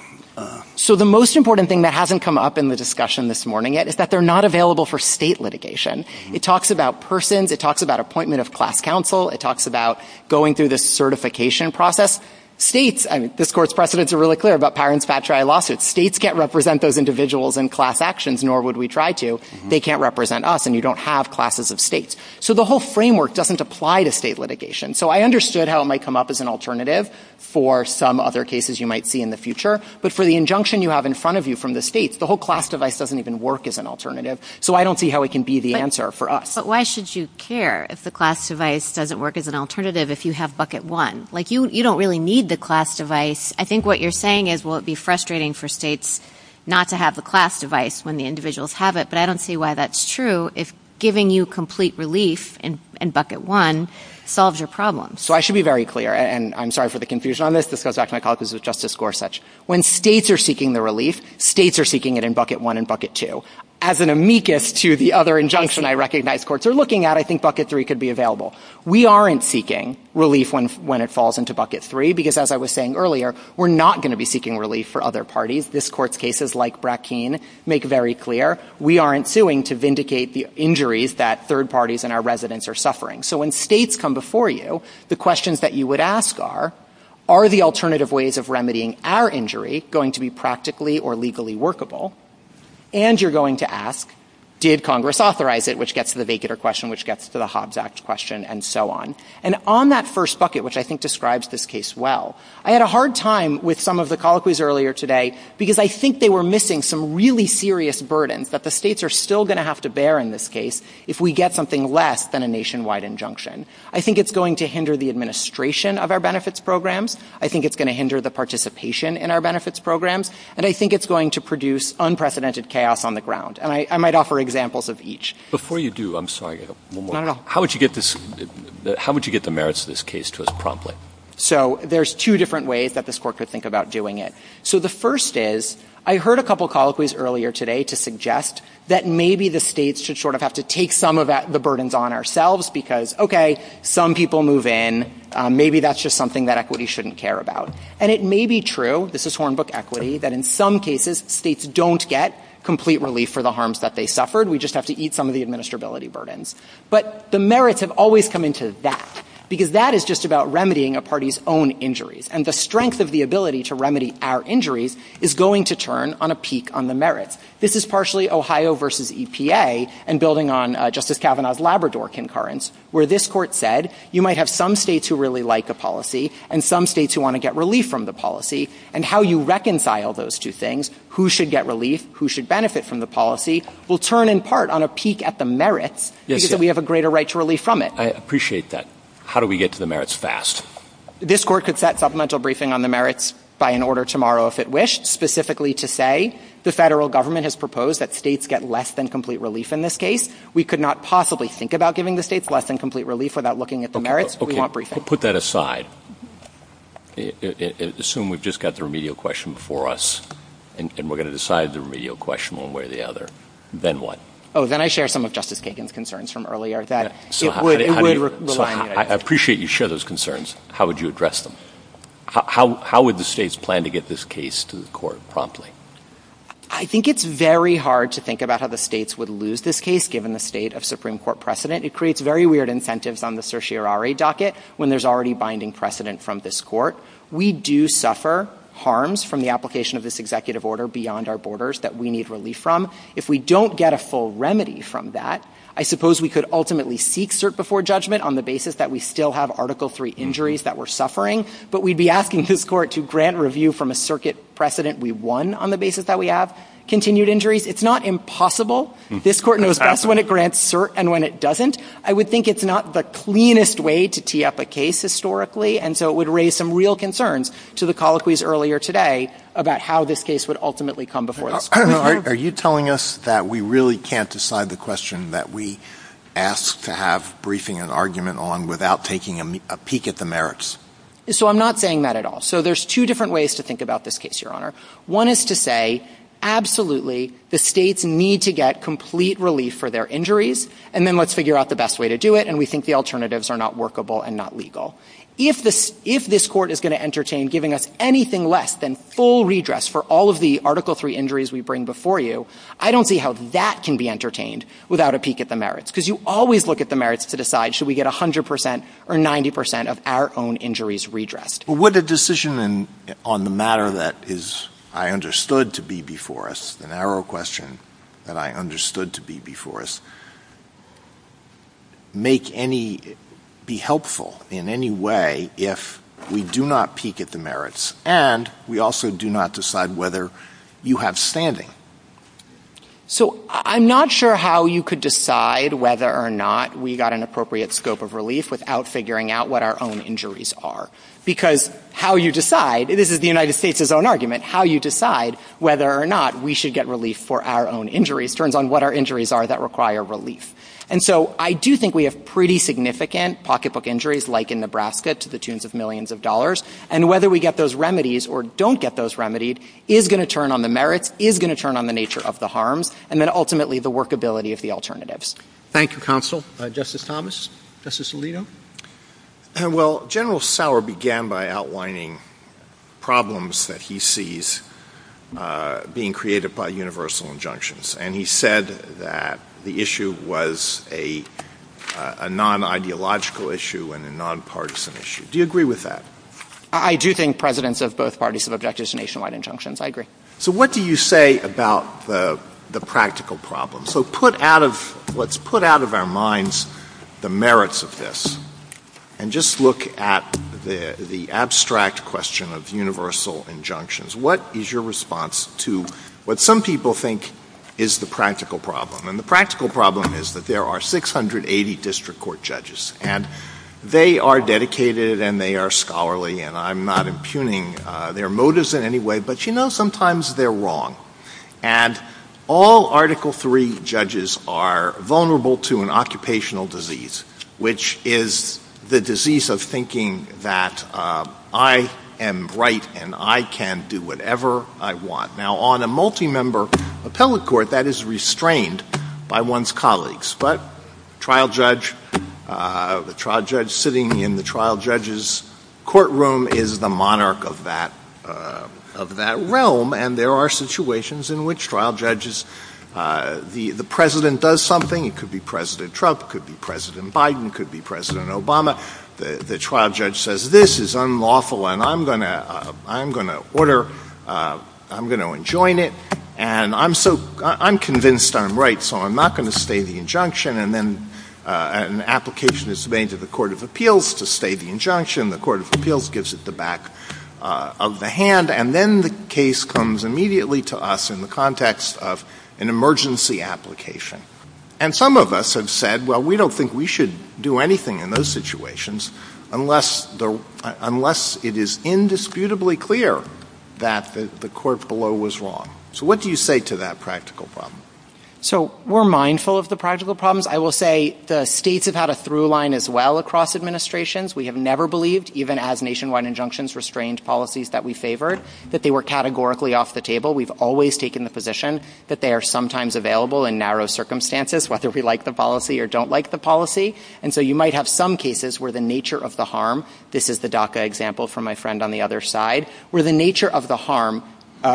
So the most important thing that hasn't come up in the discussion this morning yet is that they're not available for state litigation. It talks about persons, it talks about appointment of class counsel, it talks about going through the certification process. States, and this court's precedents are really clear about Pyron's fat trial lawsuit, states can't represent those individuals in class actions, nor would we try to. They can't represent us, and you don't have classes of states. So the whole framework doesn't apply to state litigation. So I understood how it might come up as an alternative for some other cases you might see in the future, but for the injunction you have in front of you from the states, the whole class device doesn't even work as an alternative. So I don't see how it can be the answer for us. But why should you care if the class device doesn't work as an alternative if you have bucket one? Like, you don't really need the class device. I think what you're saying is, well, it'd be frustrating for states not to have the class device when the individuals have it, but I don't see why that's true if giving you complete relief in bucket one solves your problem. So I should be very clear, and I'm sorry for the confusion on this. This is Dr. McAuliffe, this is Justice Gorsuch. When states are seeking the relief, states are seeking it in bucket one and bucket two. As an amicus to the other injunction I recognize courts are looking at, I think bucket three could be available. We aren't seeking relief when it falls into bucket three because as I was saying earlier, we're not going to be seeking relief for other parties. This court's cases, like Brackeen, make very clear we aren't suing to vindicate the injuries that third parties and our residents are suffering. So when states come before you, the questions that you would ask are, are the alternative ways of remedying our injury going to be practically or legally workable? And you're going to ask, did Congress authorize it, which gets to the vacater question, which gets to the Hobbs Act question, and so on. And on that first bucket, which I think describes this case well, I had a hard time with some of the colloquies earlier today because I think they were missing some really serious burden that the states are still going to have to bear in this case if we get something less than a nationwide injunction. I think it's going to hinder the administration of our benefits programs. I think it's going to hinder the participation in our benefits programs. And I think it's going to produce unprecedented chaos on the ground. And I might offer examples of each. Before you do, I'm sorry. Not at all. How would you get the merits of this case to us promptly? So there's two different ways that this court could think about doing it. So the first is, I heard a couple of colloquies earlier today to suggest that maybe the states should sort of have to take some of the burdens on ourselves because, okay, some people move in. Maybe that's just something that equity shouldn't care about. And it may be true, this is Hornbook equity, that in some cases, states don't get complete relief for the harms that they suffered. We just have to eat some of the administrability burdens. But the merits have always come into that because that is just about remedying a party's own injuries. And the strength of the ability to remedy our injuries is going to turn on a peak on the merits. This is partially Ohio versus EPA and building on Justice Kavanaugh's Labrador concurrence, where this court said you might have some states who really like the policy and some states who want to get relief from the policy. And how you reconcile those two things, who should get relief, who should benefit from the policy, will turn in part on a peak at the merits because we have a greater right to relief from it. I appreciate that. How do we get to the merits fast? This court could set supplemental briefing on the merits by an order tomorrow if it wished, specifically to say the federal government has proposed that states get less than complete relief in this case. We could not possibly think about giving the states less than complete relief without looking at the merits. We want briefing. Put that aside. Assume we've just got the remedial question before us and we're going to decide the remedial question one way or the other. Then what? Oh, then I share some of Justice Kagan's concerns from earlier that it would rely on him. I appreciate you share those concerns. How would you address them? How would the states plan to get this case to the court promptly? I think it's very hard to think about how the states would lose this case given the state of Supreme Court precedent. It creates very weird incentives on the certiorari docket when there's already binding precedent from this court. We do suffer harms from the application of this executive order beyond our borders that we need relief from. If we don't get a full remedy from that, I suppose we could ultimately seek cert before judgment on the basis that we still have Article III injuries that we're suffering, but we'd be asking this court to grant review from a circuit precedent we won on the basis that we have. Continued injuries, it's not impossible. This court knows best when it grants cert and when it doesn't. I would think it's not the cleanest way to TF a case historically, and so it would raise some real concerns to the colloquies earlier today about how this case would ultimately come before this court. Are you telling us that we really can't decide the question that we ask to have briefing and argument on without taking a peek at the merits? So I'm not saying that at all. So there's two different ways to think about this case, Your Honor. One is to say, absolutely, the states need to get complete relief for their injuries, and then let's figure out the best way to do it, and we think the alternatives are not workable and not legal. If this court is going to entertain giving us anything less than full redress for all of the Article III injuries we bring before you, I don't see how that can be entertained without a peek at the merits, because you always look at the merits to decide, should we get 100% or 90% of our own injuries redressed? Would a decision on the matter that I understood to be before us, an arrow question that I understood to be before us, be helpful in any way if we do not peek at the merits and we also do not decide whether you have standing? So I'm not sure how you could decide whether or not we got an appropriate scope of relief without figuring out what our own injuries are, because how you decide, this is the United States' own argument, how you decide whether or not we should get relief for our own injuries turns on what our injuries are that require relief. And so I do think we have pretty significant pocketbook injuries like in Nebraska to the tunes of millions of dollars, and whether we get those remedies or don't get those remedied is going to turn on the merits, is going to turn on the nature of the harms, and then ultimately the workability of the alternatives. Thank you, Counsel. Justice Thomas, Justice Alito? Well, General Sauer began by outlining problems that he sees being created by universal injunctions, and he said that the issue was a non-ideological issue and a non-partisan issue. Do you agree with that? I do think presidents of both parties have objected to nationwide injunctions. I agree. So what do you say about the practical problem? So let's put out of our minds the merits of this and just look at the abstract question of universal injunctions. What is your response to what some people think is the practical problem? And the practical problem is that there are 680 district court judges, and they are dedicated and they are scholarly, and I'm not impugning their motives in any way, but you know sometimes they're wrong. And all Article III judges are vulnerable to an occupational disease, which is the disease of thinking that I am right and I can do whatever I want. Now, on a multi-member appellate court, that is restrained by one's colleagues, but the trial judge sitting in the trial judge's courtroom is the monarch of that realm, and there are situations in which the president does something. It could be President Trump. It could be President Biden. It could be President Obama. The trial judge says this is unlawful and I'm going to order, I'm going to enjoin it, and I'm convinced I'm right, so I'm not going to stay the injunction. And then an application is made to the court of appeals to stay the injunction. The court of appeals gives it the back of the hand, and then the case comes immediately to us in the context of an emergency application. And some of us have said, well, we don't think we should do anything in those situations unless it is indisputably clear that the court below was wrong. So what do you say to that practical problem? So we're mindful of the practical problems. I will say the states have had a through line as well across administrations. We have never believed, even as nationwide injunctions restrained policies that we favored, that they were categorically off the table. We've always taken the position that they are sometimes available in narrow circumstances, whether we like the policy or don't like the policy. And so you might have some cases where the nature of the harm, this is the DACA example from my friend on the other side, where the nature of the harm,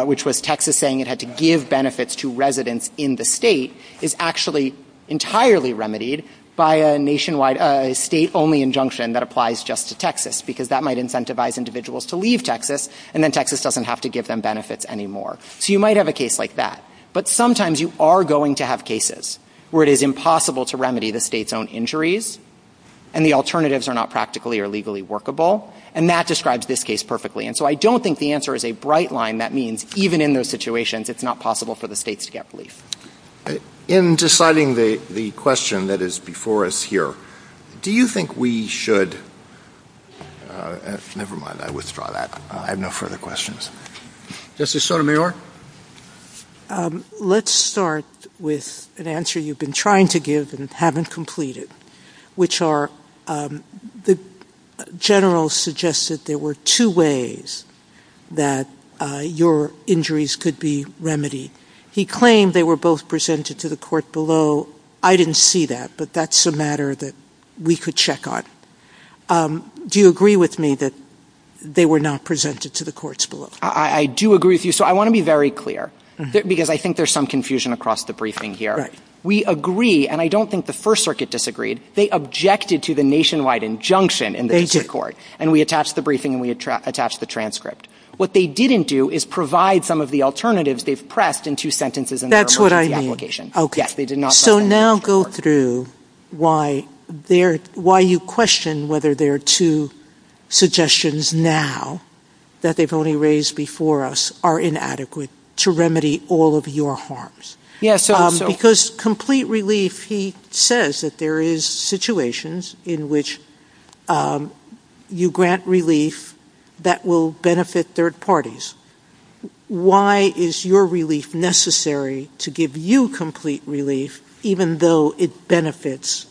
which was Texas saying it had to give benefits to residents in the state, is actually entirely remedied by a nationwide state-only injunction that applies just to Texas, because that might incentivize individuals to leave Texas, and then Texas doesn't have to give them benefits anymore. So you might have a case like that. But sometimes you are going to have cases where it is impossible to remedy the state's own injuries, and the alternatives are not practically or legally workable, and that describes this case perfectly. And so I don't think the answer is a bright line that means, even in those situations, it's not possible for the state to get relief. In deciding the question that is before us here, do you think we should – never mind, I withdraw that. I have no further questions. Justice Sotomayor? Let's start with an answer you've been trying to give and haven't completed, which are the general suggested there were two ways that your injuries could be remedied. He claimed they were both presented to the court below. I didn't see that, but that's a matter that we could check on. Do you agree with me that they were not presented to the courts below? I do agree with you. So I want to be very clear, because I think there's some confusion across the briefing here. We agree, and I don't think the First Circuit disagreed. They objected to the nationwide injunction in the district court, and we attached the briefing and we attached the transcript. What they didn't do is provide some of the alternatives they've pressed in two sentences in their motion of application. So now go through why you question whether there are two suggestions now that they've only raised before us are inadequate to remedy all of your harms. Because complete relief, he says that there is situations in which you grant relief that will benefit third parties. Why is your relief necessary to give you complete relief, even though it benefits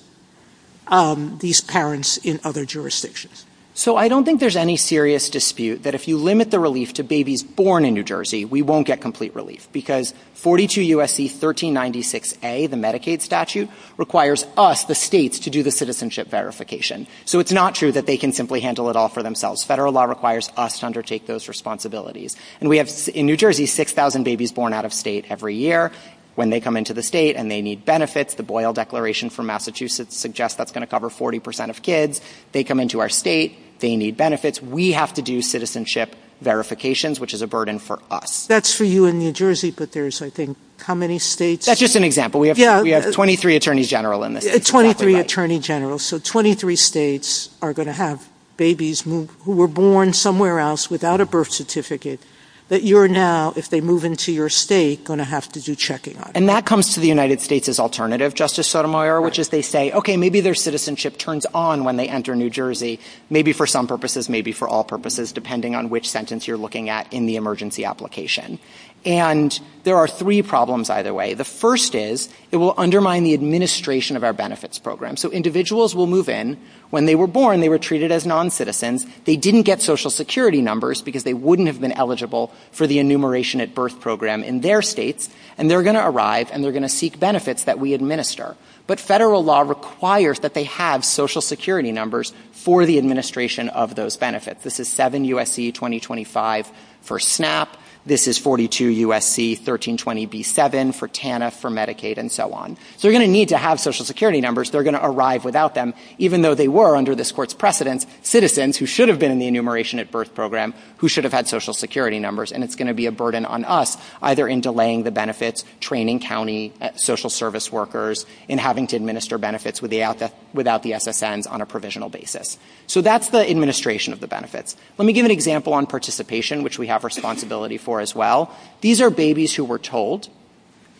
these parents in other jurisdictions? So I don't think there's any serious dispute that if you limit the relief to babies born in New Jersey, we won't get complete relief, because 42 U.S.C. 1396A, the Medicaid statute, requires us, the states, to do the citizenship verification. So it's not true that they can simply handle it all for themselves. Federal law requires us to undertake those responsibilities. And we have, in New Jersey, 6,000 babies born out of state every year. When they come into the state and they need benefits, the Boyle Declaration for Massachusetts suggests that's going to cover 40% of kids. They come into our state, they need benefits. We have to do citizenship verifications, which is a burden for us. That's for you in New Jersey, but there's, I think, how many states? That's just an example. We have 23 attorney generals in this. 23 attorney generals. So 23 states are going to have babies who were born somewhere else without a birth certificate that you're now, if they move into your state, going to have to do checking on. And that comes to the United States as alternative, Justice Sotomayor, which is they say, okay, maybe their citizenship turns on when they enter New Jersey, maybe for some purposes, maybe for all purposes, depending on which sentence you're looking at in the emergency application. And there are three problems either way. The first is it will undermine the administration of our benefits program. So individuals will move in. When they were born, they were treated as noncitizens. They didn't get Social Security numbers because they wouldn't have been eligible for the enumeration at birth program in their state. And they're going to arrive and they're going to seek benefits that we administer. But federal law requires that they have Social Security numbers for the administration of those benefits. This is 7 U.S.C. 2025 for SNAP. This is 42 U.S.C. 1320B7 for TANF, for Medicaid, and so on. So they're going to need to have Social Security numbers. They're going to arrive without them, even though they were under this Court's precedence, citizens who should have been in the enumeration at birth program who should have had Social Security numbers. And it's going to be a burden on us, either in delaying the benefits, training county social service workers in having to administer benefits without the SSN on a provisional basis. So that's the administration of the benefits. Let me give an example on participation, which we have responsibility for as well. These are babies who were told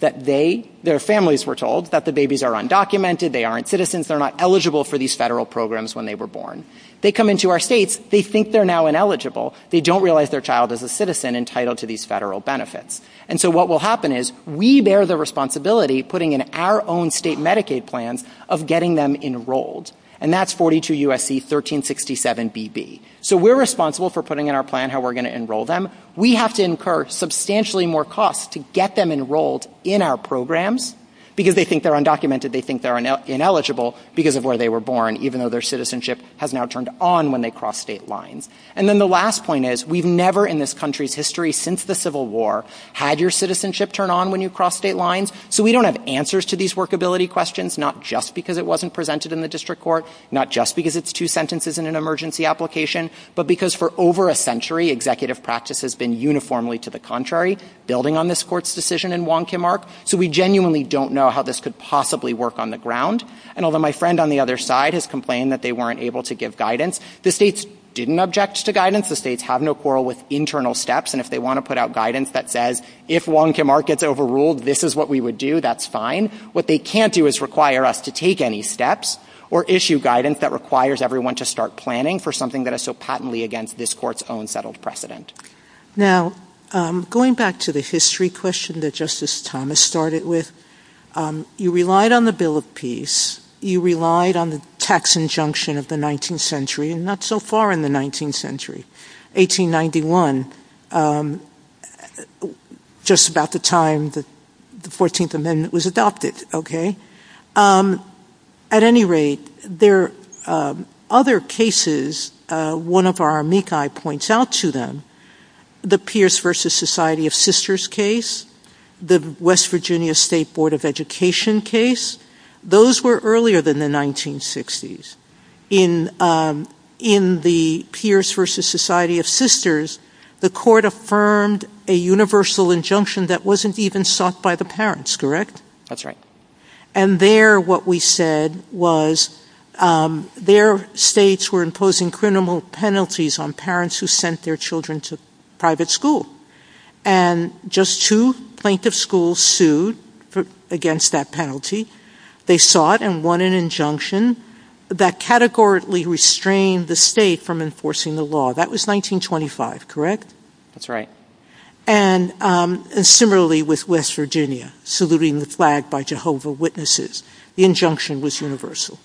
that they, their families were told, that the babies are undocumented, they aren't citizens, they're not eligible for these federal programs when they were born. They come into our states, they think they're now ineligible. They don't realize their child is a citizen entitled to these federal benefits. And so what will happen is, we bear the responsibility, putting in our own state Medicaid plans, of getting them enrolled. And that's 42 U.S.C. 1367BB. So we're responsible for putting in our plan how we're going to enroll them. We have to incur substantially more costs to get them enrolled in our programs because they think they're undocumented, they think they're ineligible because of where they were born, even though their citizenship has now turned on when they cross state lines. And then the last point is, we've never in this country's history since the Civil War, had your citizenship turn on when you cross state lines. So we don't have answers to these workability questions, not just because it wasn't presented in the district court, not just because it's two sentences in an emergency application, but because for over a century, executive practice has been uniformly to the contrary, building on this court's decision in Wong Kim Ark. So we genuinely don't know how this could possibly work on the ground. And although my friend on the other side has complained that they weren't able to give guidance, the states didn't object to guidance. The states have no quarrel with internal steps, and if they want to put out guidance that says, if Wong Kim Ark gets overruled, this is what we would do, that's fine. What they can't do is require us to take any steps or issue guidance that requires everyone to start planning for something that is so patently against this court's own settled precedent. Now, going back to the history question that Justice Thomas started with, you relied on the Bill of Peace, you relied on the tax injunction of the 19th century, and not so far in the 19th century, 1891, just about the time the 14th Amendment was adopted. At any rate, there are other cases, one of our amici points out to them, the Pierce versus Society of Sisters case, the West Virginia State Board of Education case, those were earlier than the 1960s. In the Pierce versus Society of Sisters, the court affirmed a universal injunction that wasn't even sought by the parents, correct? That's right. And there, what we said was, their states were imposing criminal penalties on parents who sent their children to private school. And just two plaintiff schools sued against that penalty. They sought and won an injunction that categorically restrained the state from enforcing the law. That was 1925, correct? That's right. And similarly with West Virginia, saluting the flag by Jehovah's Witnesses. The injunction was universal.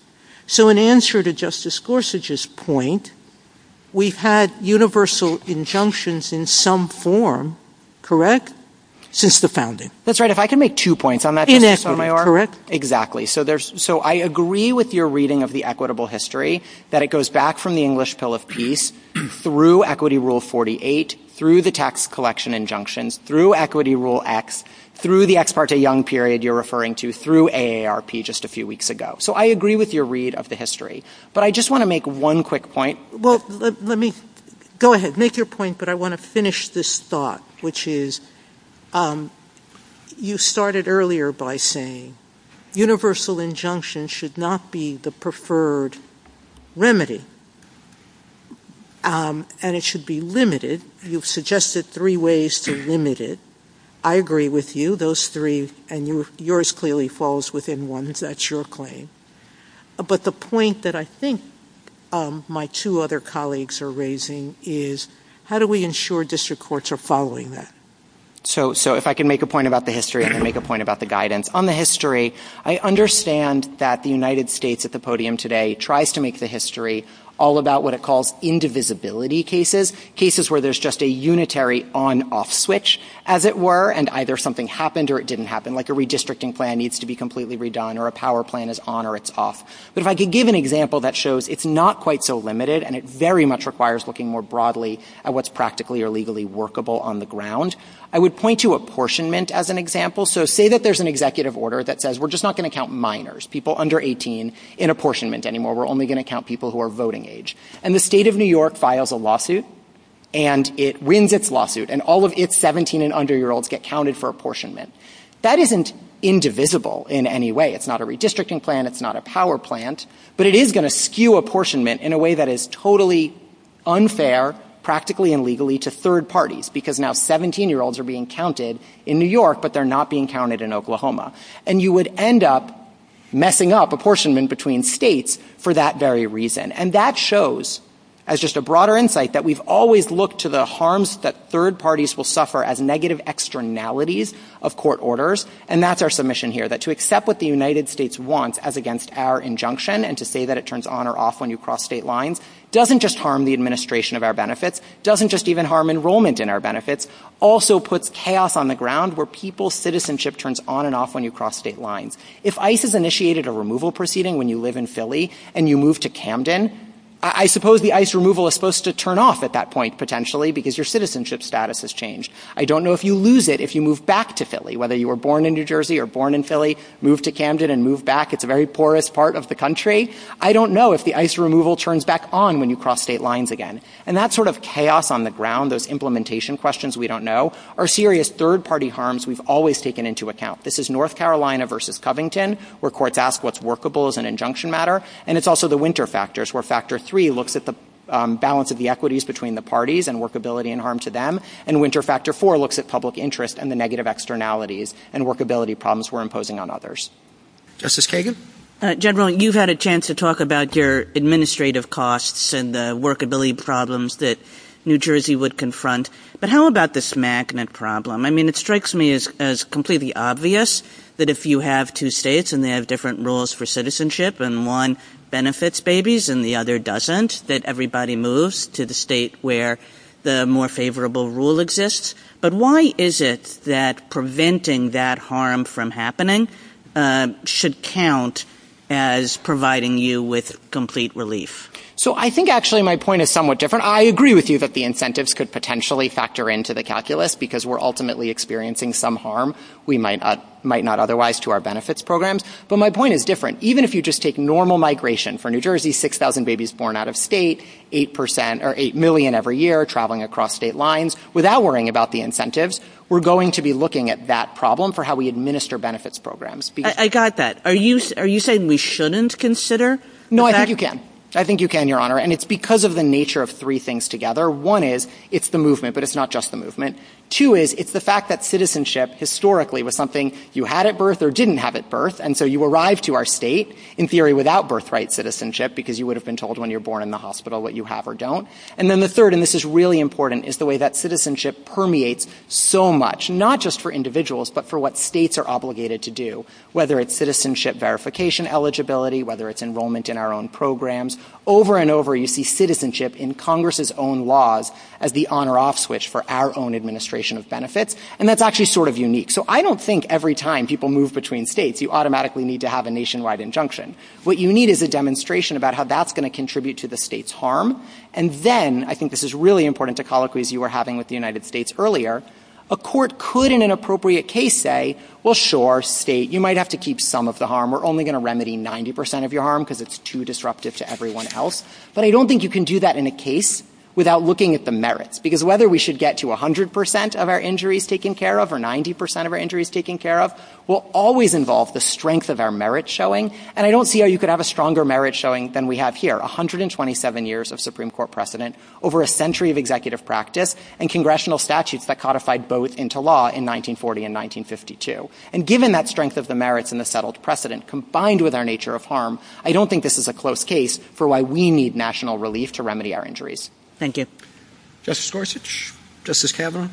So in answer to Justice Gorsuch's point, we've had universal injunctions in some form, correct? Since the founding. That's right. If I can make two points on that. Correct. So I agree with your reading of the equitable history, that it goes back from the English Pill of Peace through Equity Rule 48, through the tax collection injunctions, through Equity Rule X, through the Ex Parte Young Period you're referring to, through AARP just a few weeks ago. So I agree with your read of the history. But I just want to make one quick point. Well, let me, go ahead, make your point, but I want to finish this thought, which is you started earlier by saying universal injunction should not be the preferred remedy. And it should be limited. You've suggested three ways to limit it. I agree with you. Those three, and yours clearly falls within one. That's your claim. But the point that I think my two other colleagues are raising is, how do we ensure district courts are following that? So if I can make a point about the history, I can make a point about the guidance. On the history, I understand that the United States at the podium today tries to make the history all about what it calls indivisibility cases, cases where there's just a unitary on-off switch, as it were, and either something happened or it didn't happen, like a redistricting plan needs to be completely redone or a power plant is on or it's off. But if I could give an example that shows it's not quite so limited and it very much requires looking more broadly at what's practically or legally workable on the ground, I would point to apportionment as an example. So say that there's an executive order that says we're just not going to count minors, people under 18, in apportionment anymore. We're only going to count people who are voting age. And the state of New York files a lawsuit and it wins its lawsuit and all of its 17- and under-year-olds get counted for apportionment. That isn't indivisible in any way. It's not a redistricting plan, it's not a power plant, but it is going to skew apportionment in a way that is totally unfair, practically and legally, to third parties, because now 17-year-olds are being counted in New York but they're not being counted in Oklahoma. And you would end up messing up apportionment between states for that very reason. And that shows, as just a broader insight, that we've always looked to the harms that third parties will suffer as negative externalities of court orders, and that's our submission here, that to accept what the United States wants as against our injunction and to say that it turns on or off when you cross state lines doesn't just harm the administration of our benefits, doesn't just even harm enrollment in our benefits, also puts chaos on the ground where people's citizenship turns on and off when you cross state lines. If ICE has initiated a removal proceeding when you live in Philly and you move to Camden, I suppose the ICE removal is supposed to turn off at that point, potentially, because your citizenship status has changed. I don't know if you lose it if you move back to Philly, whether you were born in New Jersey or born in Philly, move to Camden and move back. It's a very porous part of the country. I don't know if the ICE removal turns back on when you cross state lines again. And that sort of chaos on the ground, those implementation questions we don't know, are serious third-party harms we've always taken into account. This is North Carolina versus Covington where courts ask what's workable as an injunction matter, and it's also the Winter Factors where Factor 3 looks at the balance of the equities between the parties and workability and harm to them, and Winter Factor 4 looks at public interest and the negative externalities and workability problems we're imposing on others. Justice Kagan? General, you've had a chance to talk about your administrative costs and the workability problems that New Jersey would confront, but how about this magnet problem? I mean, it strikes me as completely obvious that if you have two states and they have different rules for citizenship and one benefits babies and the other doesn't, that everybody moves to the state where the more favorable rule exists. But why is it that preventing that harm from happening should count as providing you with complete relief? So I think actually my point is somewhat different. I agree with you that the incentives could potentially factor into the calculus because we're ultimately experiencing some harm we might not otherwise to our benefits programs, but my point is different. Even if you just take normal migration for New Jersey, 6,000 babies born out of state, 8 million every year traveling across state lines, without worrying about the incentives, we're going to be looking at that problem for how we administer benefits programs. I got that. Are you saying we shouldn't consider? No, I think you can. I think you can, Your Honor. And it's because of the nature of three things together. One is it's the movement, but it's not just the movement. Two is it's the fact that citizenship historically was something you had at birth or didn't have at birth, and so you arrived to our state, in theory, without birthright citizenship because you would have been told when you were born in the hospital what you have or don't. And then the third, and this is really important, is the way that citizenship permeates so much, not just for individuals, but for what states are obligated to do, whether it's citizenship verification eligibility, whether it's enrollment in our own programs. Over and over, you see citizenship in Congress's own laws as the on or off switch for our own administration of benefits, and that's actually sort of unique. So I don't think every time people move between states, you automatically need to have a nationwide injunction. What you need is a demonstration about how that's going to contribute to the state's harm, and then, I think this is really important to colloquies you were having with the United States earlier, a court could, in an appropriate case, say, well, sure, state, you might have to keep some of the harm. We're only going to remedy 90% of your harm because it's too disruptive to everyone else, but I don't think you can do that in a case without looking at the merits, because whether we should get to 100% of our injuries taken care of or 90% of our injuries taken care of will always involve the strength of our merits showing, and I don't see how you could have a stronger merit showing than we have here. 127 years of Supreme Court precedent, over a century of executive practice, and congressional statutes that codified both into law in 1940 and 1952, and given that strength of the merits and the settled precedent, combined with our nature of harm, I don't think this is a close case for why we need national relief to remedy our injuries. Thank you. Justice Gorsuch? Justice Cameron?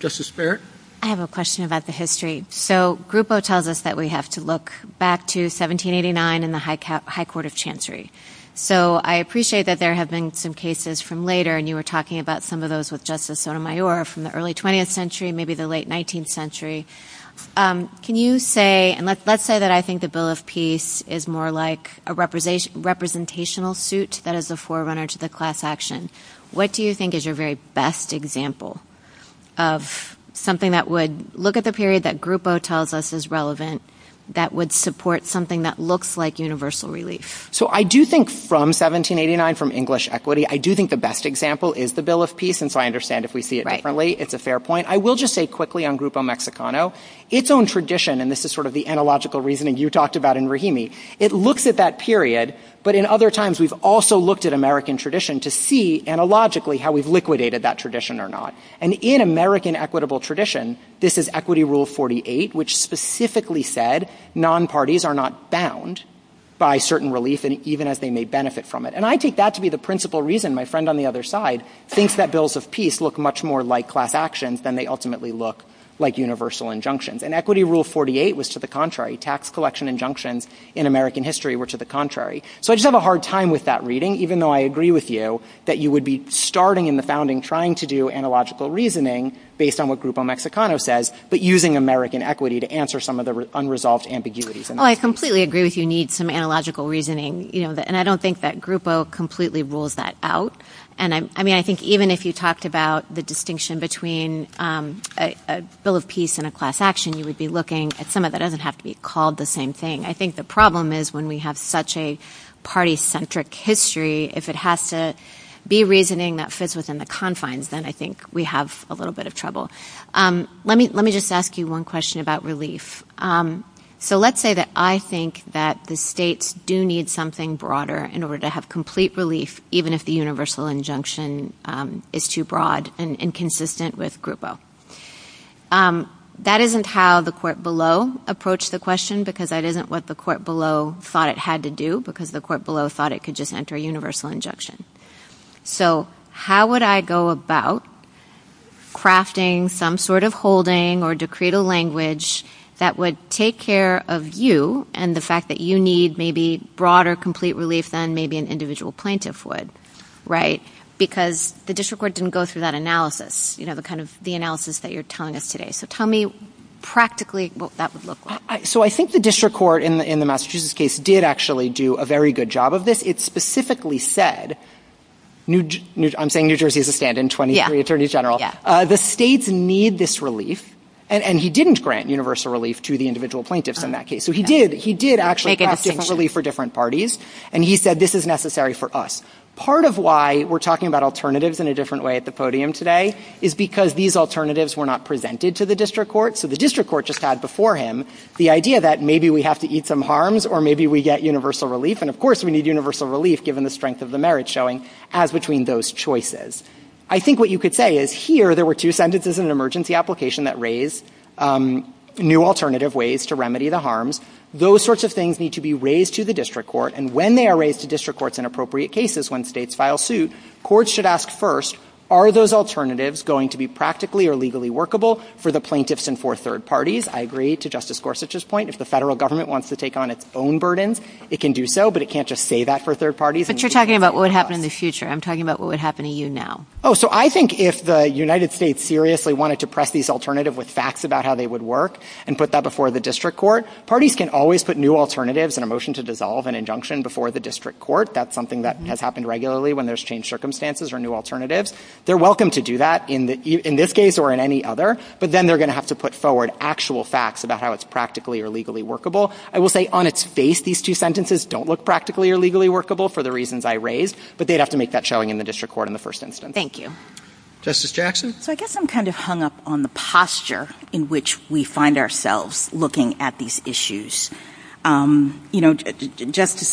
Justice Barrett? I have a question about the history. So, Grupo tells us that we have to look back to 1789 and the High Court of Chancery, so I appreciate that there have been some cases from later, and you were talking about some of those with Justice Sotomayor, from the early 20th century, maybe the late 19th century. Can you say, and let's say that I think the Bill of Peace is more like a representational suit that is a forerunner to the class action. What do you think is your very best example of something that would look at the period that Grupo tells us is relevant that would support something that looks like universal relief? So, I do think from 1789, from English equity, I do think the best example is the Bill of Peace, and so I understand if we see it differently. It's a fair point. I will just say quickly on Grupo Mexicano, its own tradition, and this is sort of the analogical reasoning you talked about in Rahimi, it looks at that period, but in other times, we've also looked at American tradition to see analogically how we've liquidated that tradition or not. And in American equitable tradition, this is Equity Rule 48, which specifically said, non-parties are not bound by certain relief, even as they may benefit from it. And I take that to be the principal reason my friend on the other side thinks that Bills of Peace look much more like class actions than they ultimately look like universal injunctions. And Equity Rule 48 was to the contrary. Tax collection injunctions in American history were to the contrary. So, I just have a hard time with that reading, even though I agree with you that you would be starting in the founding trying to do analogical reasoning based on what Grupo Mexicano says, but using American equity to answer some of the unresolved ambiguities. Oh, I completely agree with you. You need some analogical reasoning, and I don't think that Grupo completely rules that out. And I mean, I think even if you talked about the distinction between a Bill of Peace and a class action, you would be looking at some of it that doesn't have to be called the same thing. I think the problem is when we have such a party-centric history, if it has to be reasoning that fits within the confines, then I think we have a little bit of trouble. Let me just ask you one question about relief. So, let's say that I think that the states do need something broader in order to have complete relief, even if the universal injunction is too broad and inconsistent with Grupo. That isn't how the court below approached the question because that isn't what the court below thought it had to do because the court below thought it could just enter a universal injunction. So, how would I go about crafting some sort of holding or to create a language that would take care of you and the fact that you need maybe broader complete relief than maybe an individual plaintiff would, right? Because the district court didn't go through that analysis, the analysis that you're telling us today. So, tell me practically what that would look like. So, I think the district court in the Massachusetts case did actually do a very good job of this. It specifically said, I'm saying New Jersey is a stand-in, 23 attorneys general. The states need this relief and he didn't grant universal relief to the individual plaintiffs in that case. So, he did actually get some relief for different parties and he said, this is necessary for us. Part of why we're talking about alternatives in a different way at the podium today is because these alternatives were not presented to the district court. So, the district court just had before him the idea that maybe we have to eat some harms or maybe we get universal relief. And of course, we need universal relief given the strength of the merit showing as between those choices. I think what you could say is here, there were two sentences in an emergency application that raised new alternative ways to remedy the harms. Those sorts of things need to be raised to the district court and when they are raised to district courts in appropriate cases, when states file suit, courts should ask first, are those alternatives going to be practically or legally workable for the plaintiffs and for third parties? I agree to Justice Gorsuch's point. If the federal government wants to take on its own burdens, it can do so, but it can't just say that for third parties. But you're talking about what would happen in the future. I'm talking about what would happen to you now. Oh, so I think if the United States seriously wanted to press these alternative with facts about how they would work and put that before the district court, parties can always put new alternatives in a motion to dissolve an injunction before the district court. That's something that has happened regularly when there's changed circumstances or new alternatives. They're welcome to do that in this case or in any other, but then they're going to have to put forward actual facts about how it's practically or legally workable. I will say on its face, these two sentences don't look practically or legally workable for the reasons I raised, but they'd have to make that showing in the district court in the first instance. Thank you. Justice Jackson? I guess I'm kind of hung up on the posture in which we find ourselves looking at these issues. Justice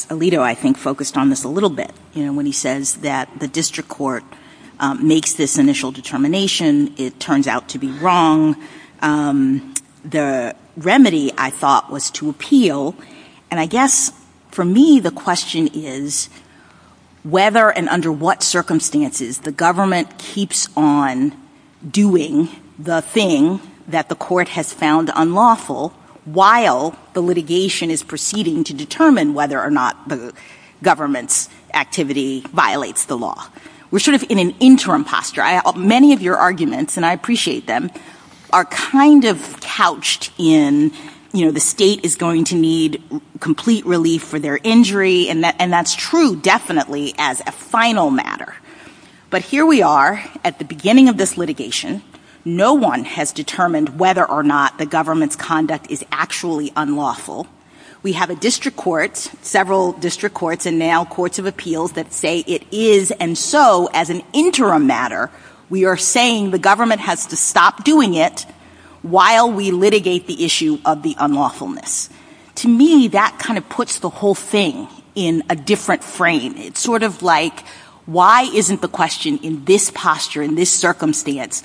Alito, I think, focused on this a little bit when he says that the district court makes this initial determination. It turns out to be wrong. The remedy, I thought, was to appeal. And I guess, for me, the question is whether and under what circumstances the government keeps on doing the thing that the court has found unlawful while the litigation is proceeding to determine whether or not the government's activity violates the law. We're sort of in an interim posture. Many of your arguments, and I appreciate them, are kind of couched in, you know, the state is going to need complete relief for their injury, and that's true definitely as a final matter. But here we are at the beginning of this litigation. No one has determined whether or not the government's conduct is actually unlawful. We have a district court, several district courts, and now courts of appeals that say it is. And so, as an interim matter, we are saying the government has to stop doing it while we litigate the issue of the unlawfulness. To me, that kind of puts the whole thing in a different frame. It's sort of like, why isn't the question in this posture, in this circumstance,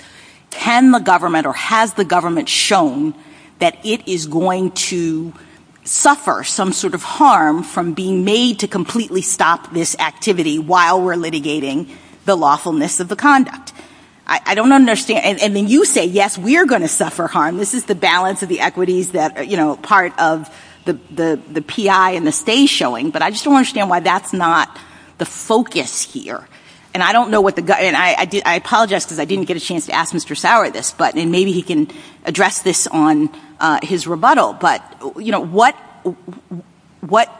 can the government or has the government shown that it is going to suffer some sort of harm from being made to completely stop this activity while we're litigating the lawfulness of the conduct? I don't understand. And then you say, yes, we're going to suffer harm. This is the balance of the equities that, you know, part of the PI and the state showing, but I just don't understand why that's not the focus here. And I apologize because I didn't get a chance to ask Mr. Sauer this, but maybe he can address this on his rebuttal. But, you know, what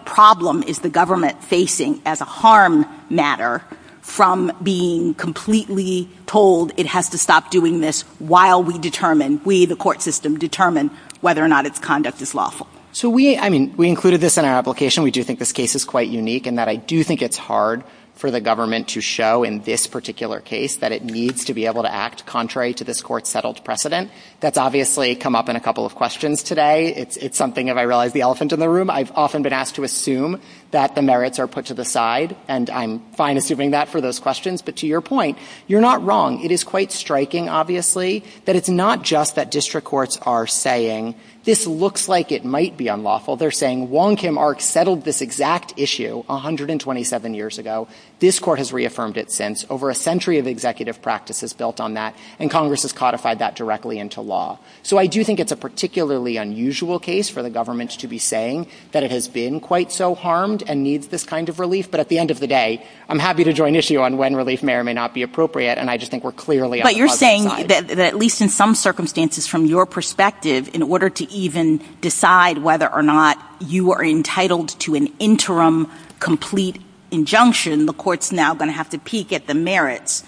problem is the government facing as a harm matter from being completely told it has to stop doing this while we determine, we, the court system, determine whether or not its conduct is lawful? So we, I mean, we included this in our application. We do think this case is quite unique and that I do think it's hard for the government to show in this particular case that it needs to be able to act contrary to this court's settled precedent. That's obviously come up in a couple of questions today. It's something, if I realize the elephant in the room, I've often been asked to assume that the merits are put to the side and I'm fine assuming that for those questions. But to your point, you're not wrong. It is quite striking, obviously, that it's not just that district courts are saying this looks like it might be unlawful. They're saying Wong Kim Ark settled this exact issue 127 years ago. This court has reaffirmed it since. Over a century of executive practice is built on that and Congress has codified that directly into law. So I do think it's a particularly unusual case for the government to be saying that it has been quite so harmed and needs this kind of relief. But at the end of the day, I'm happy to draw an issue on when relief may or may not be appropriate and I just think we're clearly on the positive side. But you're saying that, at least in some circumstances, from your perspective, in order to even decide whether or not you are entitled to an interim complete injunction, the court's now going to have to peek at the merits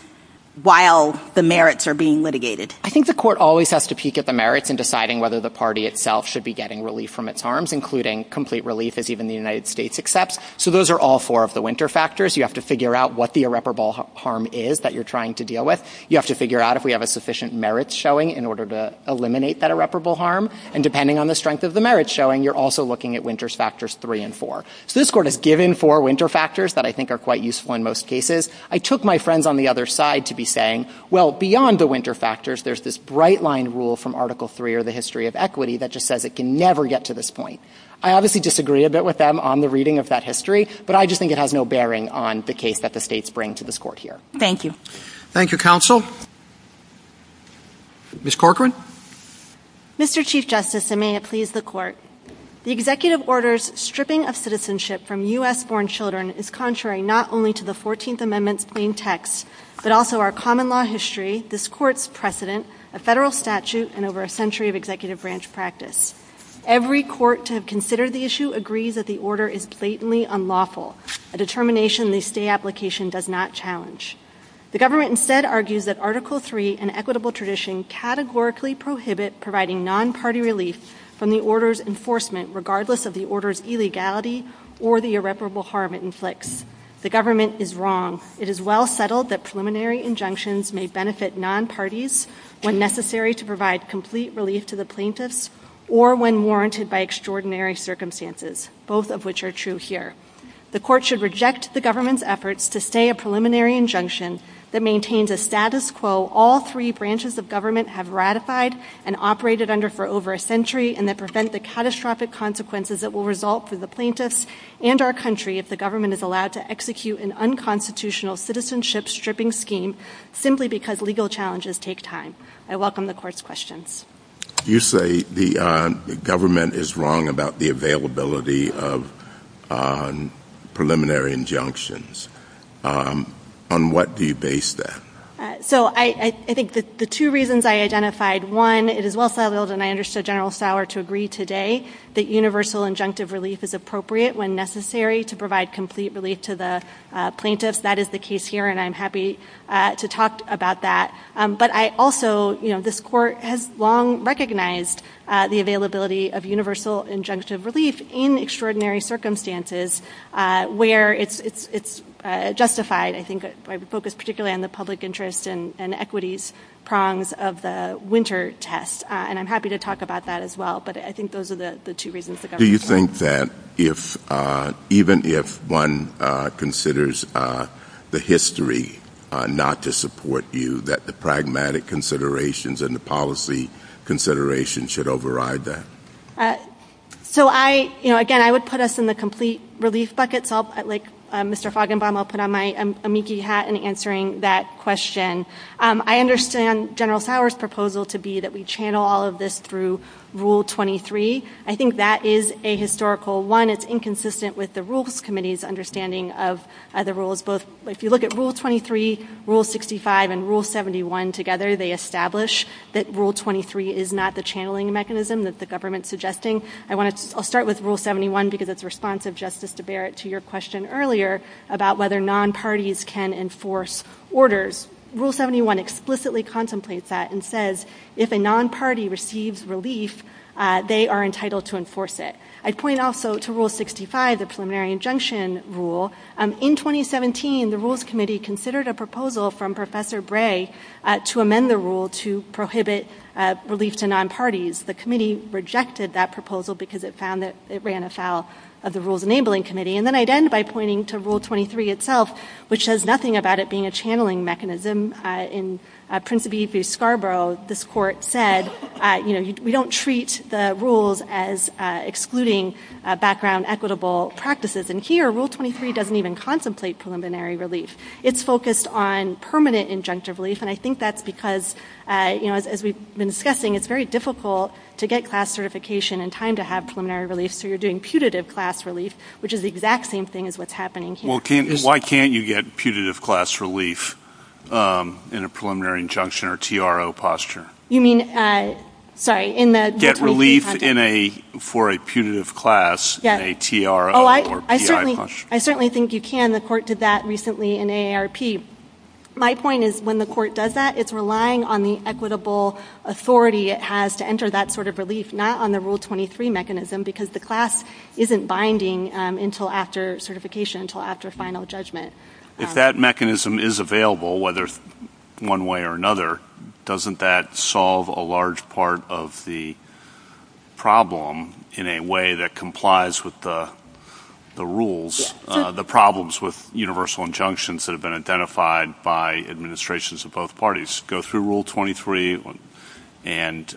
while the merits are being litigated. I think the court always has to peek at the merits in deciding whether the party itself should be getting relief from its harms, including complete relief, as even the United States accepts. So those are all four of the winter factors. You have to figure out what the irreparable harm is that you're trying to deal with. You have to figure out if we have a sufficient merit showing in order to eliminate that irreparable harm. And depending on the strength of the merit showing, you're also looking at winters factors 3 and 4. So this court has given four winter factors that I think are quite useful in most cases. I took my friends on the other side to be saying, well, beyond the winter factors, there's this bright-line rule from Article 3 or the history of equity that just says it can never get to this point. I obviously disagree a bit with them on the reading of that history, but I just think it has no bearing on the case that the states bring to this court here. Thank you. Thank you, counsel. Ms. Corcoran. Mr. Chief Justice, and may it please the court, the executive order's stripping of citizenship from U.S.-born children is contrary not only to the 14th Amendment's main text, but also our common law history, this court's precedent, a federal statute, and over a century of executive branch practice. Every court to have considered the issue agrees that the order is blatantly unlawful, a determination the state application does not challenge. The government instead argues that Article 3 and equitable tradition categorically prohibit providing non-party relief from the order's enforcement, regardless of the order's illegality or the irreparable harm it inflicts. The government is wrong. It is well settled that preliminary injunctions may benefit non-parties when necessary to provide complete relief to the plaintiffs or when warranted by extraordinary circumstances, both of which are true here. The court should reject the government's efforts to say a preliminary injunction that maintains a status quo all three branches of government have ratified and operated under for over a century and that prevent the catastrophic consequences that will result for the plaintiffs and our country if the government is allowed to execute an unconstitutional citizenship stripping scheme simply because legal challenges take time. I welcome the court's questions. You say the government is wrong about the availability of preliminary injunctions. On what do you base that? So I think the two reasons I identified, one, it is well settled, and I understood General Sauer to agree today, that universal injunctive relief is appropriate when necessary to provide complete relief to the plaintiffs. That is the case here, and I'm happy to talk about that. But I also, you know, this court has long recognized the availability of universal injunctive relief in extraordinary circumstances where it's justified, I think, by the focus particularly on the public interest and equities prongs of the winter test, and I'm happy to talk about that as well. But I think those are the two reasons the government... Do you think that even if one considers the history not to support you, that the pragmatic considerations and the policy considerations should override that? So I, you know, again, I would put us in the complete relief bucket. Like Mr. Fagenbaum, I'll put on my amici hat in answering that question. I understand General Sauer's proposal to be that we channel all of this through Rule 23. I think that is a historical one. It's inconsistent with the Rules Committee's understanding of the rules. If you look at Rule 23, Rule 65, and Rule 71 together, they establish that Rule 23 is not the channeling mechanism that the government's suggesting. I'll start with Rule 71 because it's responsive, Justice DeBarrett, to your question earlier about whether non-parties can enforce orders. Rule 71 explicitly contemplates that and says if a non-party receives relief, they are entitled to enforce it. I'd point also to Rule 65, the preliminary injunction rule. In 2017, the Rules Committee considered a proposal from Professor Bray to amend the rule to prohibit relief to non-parties. The committee rejected that proposal because it found that it ran afoul of the Rules Enabling Committee. And then I'd end by pointing to Rule 23 itself, which says nothing about it being a channeling mechanism. In Principe v. Scarborough, this court said, you know, we don't treat the rules as excluding background equitable practices. And here, Rule 23 doesn't even contemplate preliminary relief. It's focused on permanent injunctive relief, and I think that's because, you know, as we've been discussing, it's very difficult to get class certification in time to have preliminary relief, so you're doing putative class relief, which is the exact same thing as what's happening here. Well, why can't you get putative class relief in a preliminary injunction or TRO posture? You mean, sorry, in the... Get relief for a putative class in a TRO or PI posture. I certainly think you can. The court did that recently in AARP. My point is when the court does that, it's relying on the equitable authority it has to enter that sort of relief, not on the Rule 23 mechanism, because the class isn't binding until after certification, until after final judgment. If that mechanism is available, whether one way or another, doesn't that solve a large part of the problem in a way that complies with the rules, the problems with universal injunctions that have been identified by administrations of both parties? Go through Rule 23 and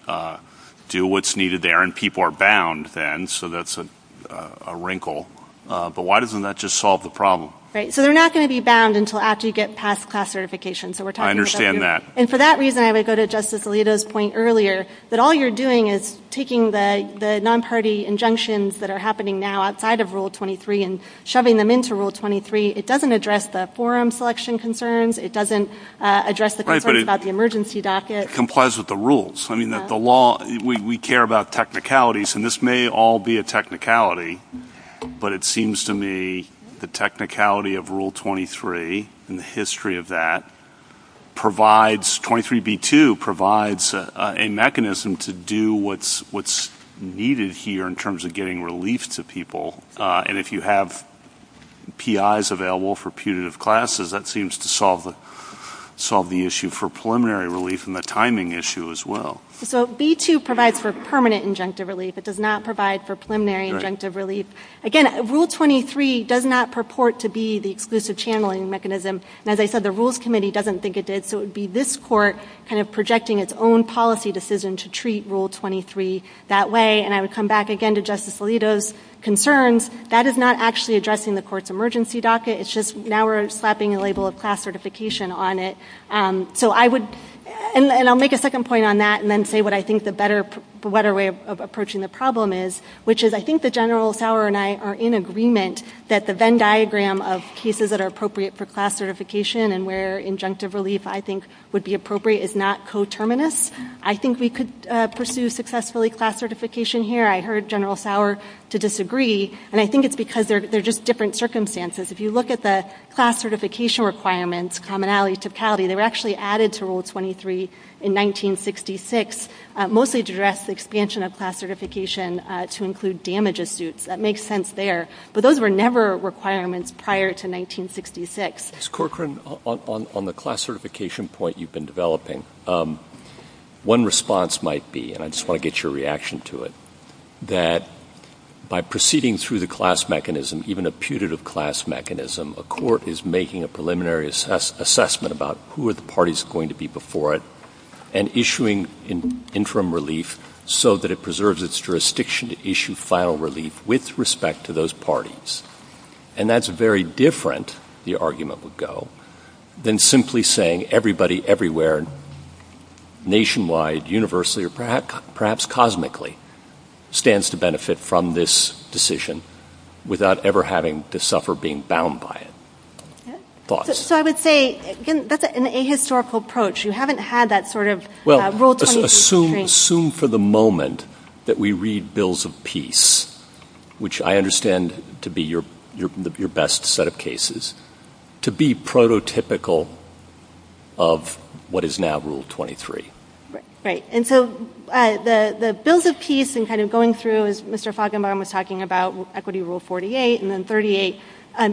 do what's needed there, and people are bound then, so that's a wrinkle. But why doesn't that just solve the problem? Right, so they're not going to be bound until after you get past class certification. I understand that. And for that reason, I would go to Justice Alito's point earlier, that all you're doing is taking the non-party injunctions that are happening now outside of Rule 23 and shoving them into Rule 23. It doesn't address the forum selection concerns. It doesn't address the concerns about the emergency dossier. It complies with the rules. I mean, the law, we care about technicalities, and this may all be a technicality, but it seems to me the technicality of Rule 23 and the history of that provides... 23b-2 provides a mechanism to do what's needed here in terms of getting relief to people. And if you have PIs available for putative classes, that seems to solve the issue for preliminary relief and the timing issue as well. So b-2 provides for permanent injunctive relief. It does not provide for preliminary injunctive relief. Again, Rule 23 does not purport to be the exclusive channeling mechanism. And as I said, the Rules Committee doesn't think it did, so it would be this court kind of projecting its own policy decision to treat Rule 23 that way. And I would come back again to Justice Alito's concerns. That is not actually addressing the court's emergency docket. It's just now we're slapping a label of class certification on it. So I would... And I'll make a second point on that and then say what I think the better way of approaching the problem is, which is I think that General Sauer and I are in agreement that the Venn diagram of cases that are appropriate for class certification and where injunctive relief, I think, would be appropriate is not coterminous. I think we could pursue successfully class certification here. I heard General Sauer to disagree, and I think it's because they're just different circumstances. If you look at the class certification requirements, commonality, typicality, they were actually added to Rule 23 in 1966, mostly to address the expansion of class certification to include damages suits. That makes sense there, but those were never requirements prior to 1966. Ms. Corcoran, on the class certification point you've been developing, one response might be, and I just want to get your reaction to it, that by proceeding through the class mechanism, even a putative class mechanism, a court is making a preliminary assessment about who are the parties going to be before it and issuing interim relief so that it preserves its jurisdiction to issue final relief with respect to those parties. And that's very different, the argument would go, than simply saying everybody, everywhere, nationwide, universally, or perhaps cosmically stands to benefit from this decision without ever having to suffer being bound by it. So I would say that's an ahistorical approach. You haven't had that sort of Rule 23. Assume for the moment that we read Bills of Peace, which I understand to be your best set of cases, to be prototypical of what is now Rule 23. Right, and so the Bills of Peace and kind of going through, as Mr. Fagenbaum was talking about, Equity Rule 48 and then 38,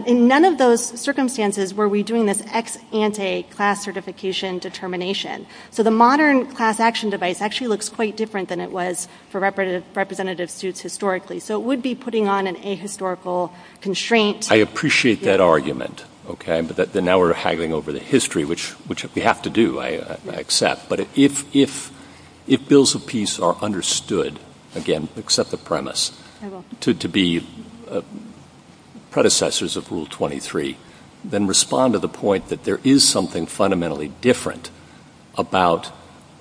in none of those circumstances were we doing this ex ante class certification determination. So the modern class action device actually looks quite different than it was for representative suits historically. So it would be putting on an ahistorical constraint. I appreciate that argument, okay, but now we're haggling over the history, which we have to do, I accept. But if Bills of Peace are understood, again, except the premise, to be predecessors of Rule 23, then respond to the point that there is something fundamentally different about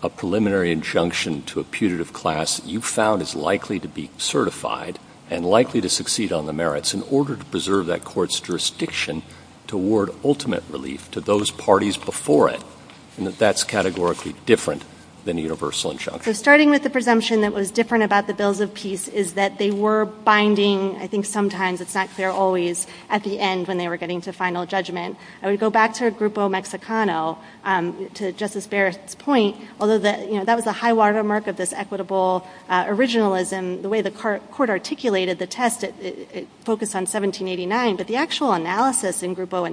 a preliminary injunction to a putative class you found is likely to be certified and likely to succeed on the merits in order to preserve that court's jurisdiction to award ultimate relief to those parties before it, and that that's categorically different than a universal injunction. So starting with the presumption that was different about the Bills of Peace is that they were binding, I think sometimes it's not clear always, at the end when they were getting to final judgment. I would go back to Grupo Mexicano, to Justice Barrett's point, although that was a high-water mark of this equitable originalism, the way the court articulated the test, it focused on 1789, but the actual analysis in Grupo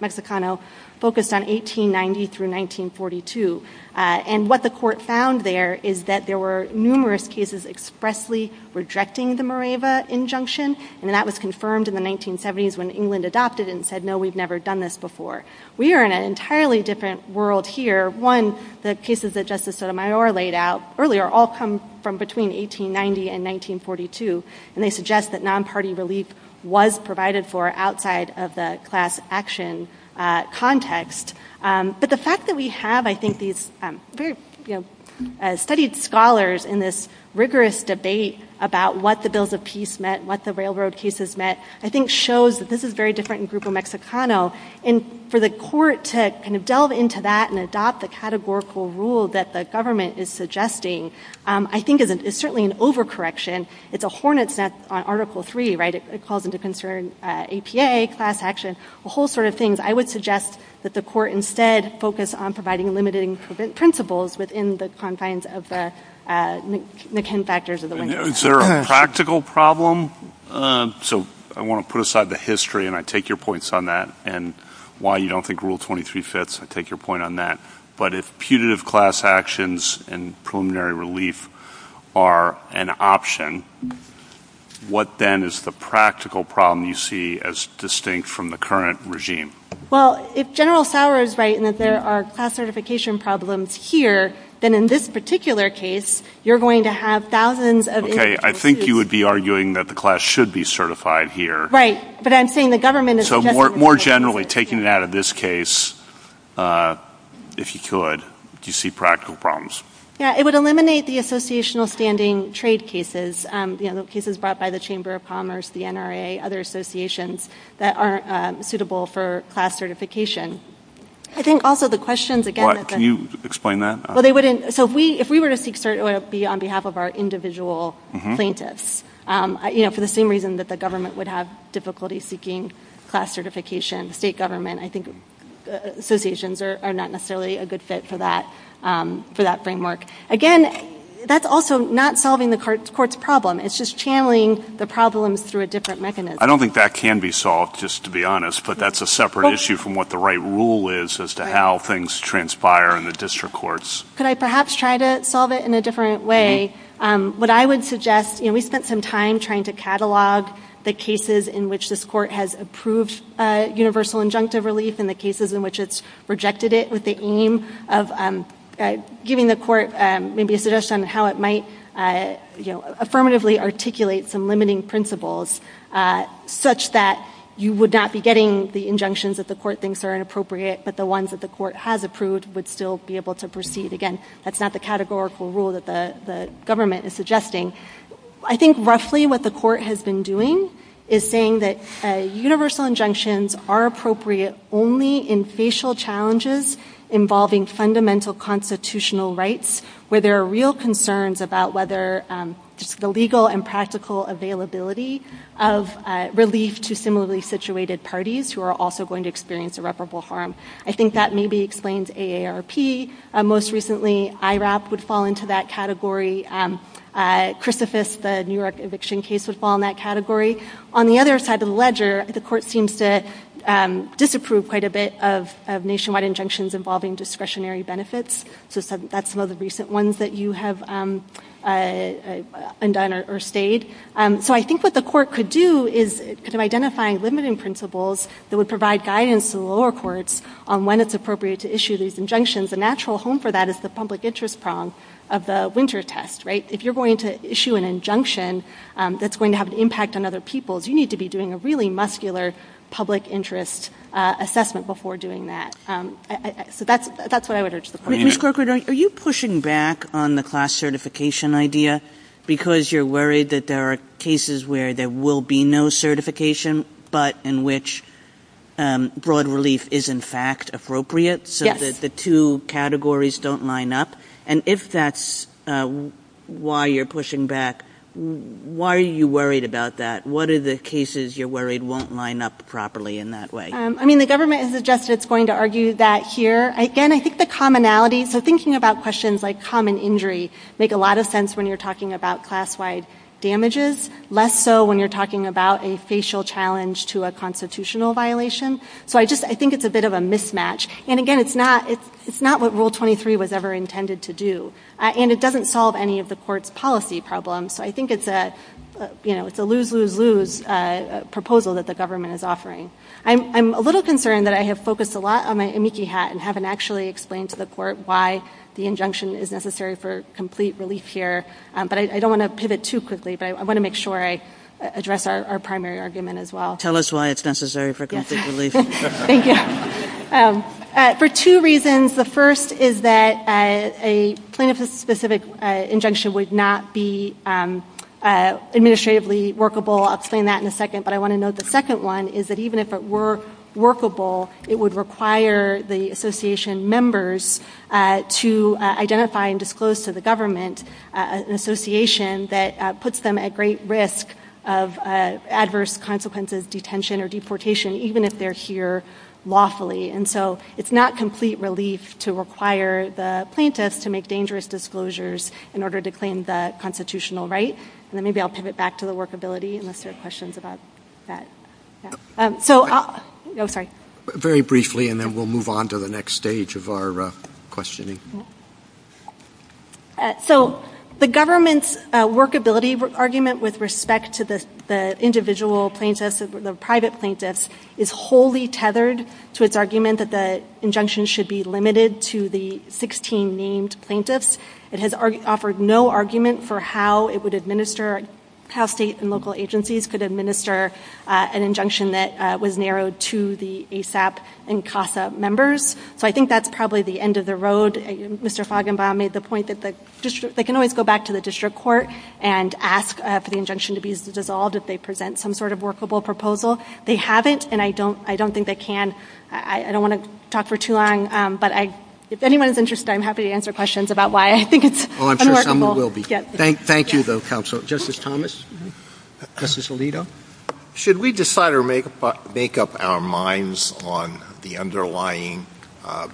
Mexicano focused on 1890 through 1942. And what the court found there is that there were numerous cases expressly rejecting the Mareva injunction, and that was confirmed in the 1970s when England adopted it and said, no, we've never done this before. We are in an entirely different world here. One, the cases that Justice Sotomayor laid out earlier all come from between 1890 and 1942, and they suggest that non-party relief was provided for outside of the class action context. But the fact that we have, I think, these studied scholars in this rigorous debate about what the Bills of Peace meant, what the railroad cases meant, I think shows that this is very different in Grupo Mexicano. And for the court to kind of delve into that and adopt the categorical rule that the government is suggesting, I think is certainly an overcorrection. It's a hornet's nest on Article III, right? It calls into concern APA, class action, the whole sort of things. I would suggest that the court instead focus on providing limiting principles within the confines of the McKinn factors of the language. Is there a practical problem? So I want to put aside the history, and I take your points on that, and why you don't think Rule 22 fits, I take your point on that. But if putative class actions and preliminary relief are an option, what then is the practical problem you see as distinct from the current regime? Well, if General Sauer is right in that there are class certification problems here, then in this particular case, you're going to have thousands of... Okay, I think you would be arguing that the class should be certified here. Right, but I'm saying the government is... So more generally, taking that out of this case, if you could, do you see practical problems? Yeah, it would eliminate the associational standing trade cases, cases brought by the Chamber of Commerce, the NRA, other associations that aren't suitable for class certification. I think also the questions again... Can you explain that? Well, they wouldn't... So if we were to be on behalf of our individual plaintiffs, for the same reason that the government would have difficulty seeking class certification, state government, I think associations are not necessarily a good fit for that framework. Again, that's also not solving the court's problem. It's just channeling the problem through a different mechanism. I don't think that can be solved, just to be honest, but that's a separate issue from what the right rule is as to how things transpire in the district courts. Could I perhaps try to solve it in a different way? What I would suggest... We spent some time trying to catalog the cases in which this court has approved universal injunctive release and the cases in which it's rejected it with the aim of giving the court maybe a suggestion on how it might affirmatively articulate some limiting principles such that you would not be getting the injunctions that the court thinks are inappropriate, but the ones that the court has approved would still be able to proceed. Again, that's not the categorical rule that the government is suggesting. I think roughly what the court has been doing is saying that universal injunctions are appropriate only in facial challenges involving fundamental constitutional rights where there are real concerns about whether the legal and practical availability of relief to similarly situated parties who are also going to experience irreparable harm. I think that maybe explains AARP. Most recently, IRAP would fall into that category. Christophus, the New York eviction case, would fall in that category. On the other side of the ledger, the court seems to disapprove quite a bit of nationwide injunctions involving discretionary benefits. That's one of the recent ones that you have undone or stayed. So I think what the court could do is identify limiting principles that would provide guidance to the lower courts on when it's appropriate to issue these injunctions. A natural home for that is the public interest problem of the winter test. If you're going to issue an injunction that's going to have an impact on other people, you need to be doing a really muscular public interest assessment before doing that. So that's what I would urge the court to do. Ms. Corcoran, are you pushing back on the class certification idea because you're worried that there are cases where there will be no certification but in which broad relief is in fact appropriate? So that the two categories don't line up. And if that's why you're pushing back, why are you worried about that? What are the cases you're worried won't line up properly in that way? I mean, the government has suggested it's going to argue that here. Again, I think the commonality, so thinking about questions like common injury make a lot of sense when you're talking about class-wide damages, less so when you're talking about a facial challenge to a constitutional violation. So I think it's a bit of a mismatch. And again, it's not what Rule 23 was ever intended to do. And it doesn't solve any of the court's policy problems. So I think it's a lose-lose-lose proposal that the government is offering. I'm a little concerned that I have focused a lot on my amici hat and haven't actually explained to the court why the injunction is necessary for complete relief here. But I don't want to pivot too quickly, but I want to make sure I address our primary argument as well. Tell us why it's necessary for complete relief. Thank you. For two reasons. The first is that a plaintiff-specific injunction would not be administratively workable. I'll explain that in a second. But I want to note the second one is that even if it were workable, it would require the association members to identify and disclose to the government an association that puts them at great risk of adverse consequences, detention or deportation, even if they're here lawfully. And so it's not complete relief to require the plaintiff to make dangerous disclosures in order to claim that constitutional right. And then maybe I'll pivot back to the workability and answer questions about that. So I'll... I'm sorry. Very briefly, and then we'll move on to the next stage of our questioning. So the government's workability argument with respect to the individual plaintiffs, the private plaintiffs, is wholly tethered to its argument that the injunction should be limited to the 16 named plaintiffs. It has offered no argument for how it would administer, how states and local agencies could administer an injunction that was narrowed to the ASAP and CASA members. So I think that's probably the end of the road. Mr. Fagenbaum made the point that they can always go back to the district court and ask for the injunction to be dissolved if they present some sort of workable proposal. They haven't, and I don't think they can. I don't want to talk for too long, but if anyone is interested, I'm happy to answer questions about why I think it's unworkable. Oh, I'm sure someone will be. Thank you, though, counsel. Justice Thomas, Justice Alito. Should we decide or make up our minds on the underlying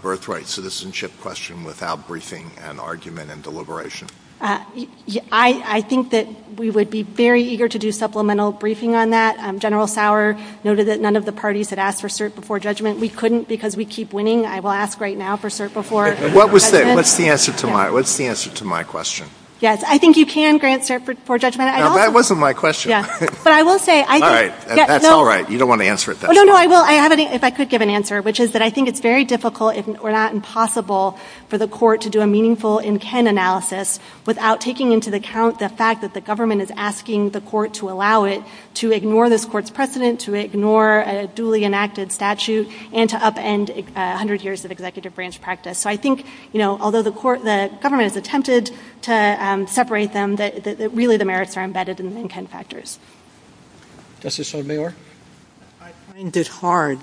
birthright citizenship question without briefing and argument and deliberation? I think that we would be very eager to do supplemental briefing on that. General Sauer noted that none of the parties had asked for cert before judgment. We couldn't because we keep winning. I will ask right now for cert before judgment. What's the answer to my question? Yes, I think you can grant cert before judgment. No, that wasn't my question. But I will say – All right, that's all right. You don't want to answer it then. No, no, I will, if I could give an answer, which is that I think it's very difficult, if not impossible, for the court to do a meaningful in-kin analysis without taking into account the fact that the government is asking the court to allow it to ignore this court's precedent, to ignore a duly enacted statute, and to upend 100 years of executive branch practice. So I think, you know, although the government has attempted to separate them, really the merits are embedded in the in-kin factors. Justice O'Meara. I find it hard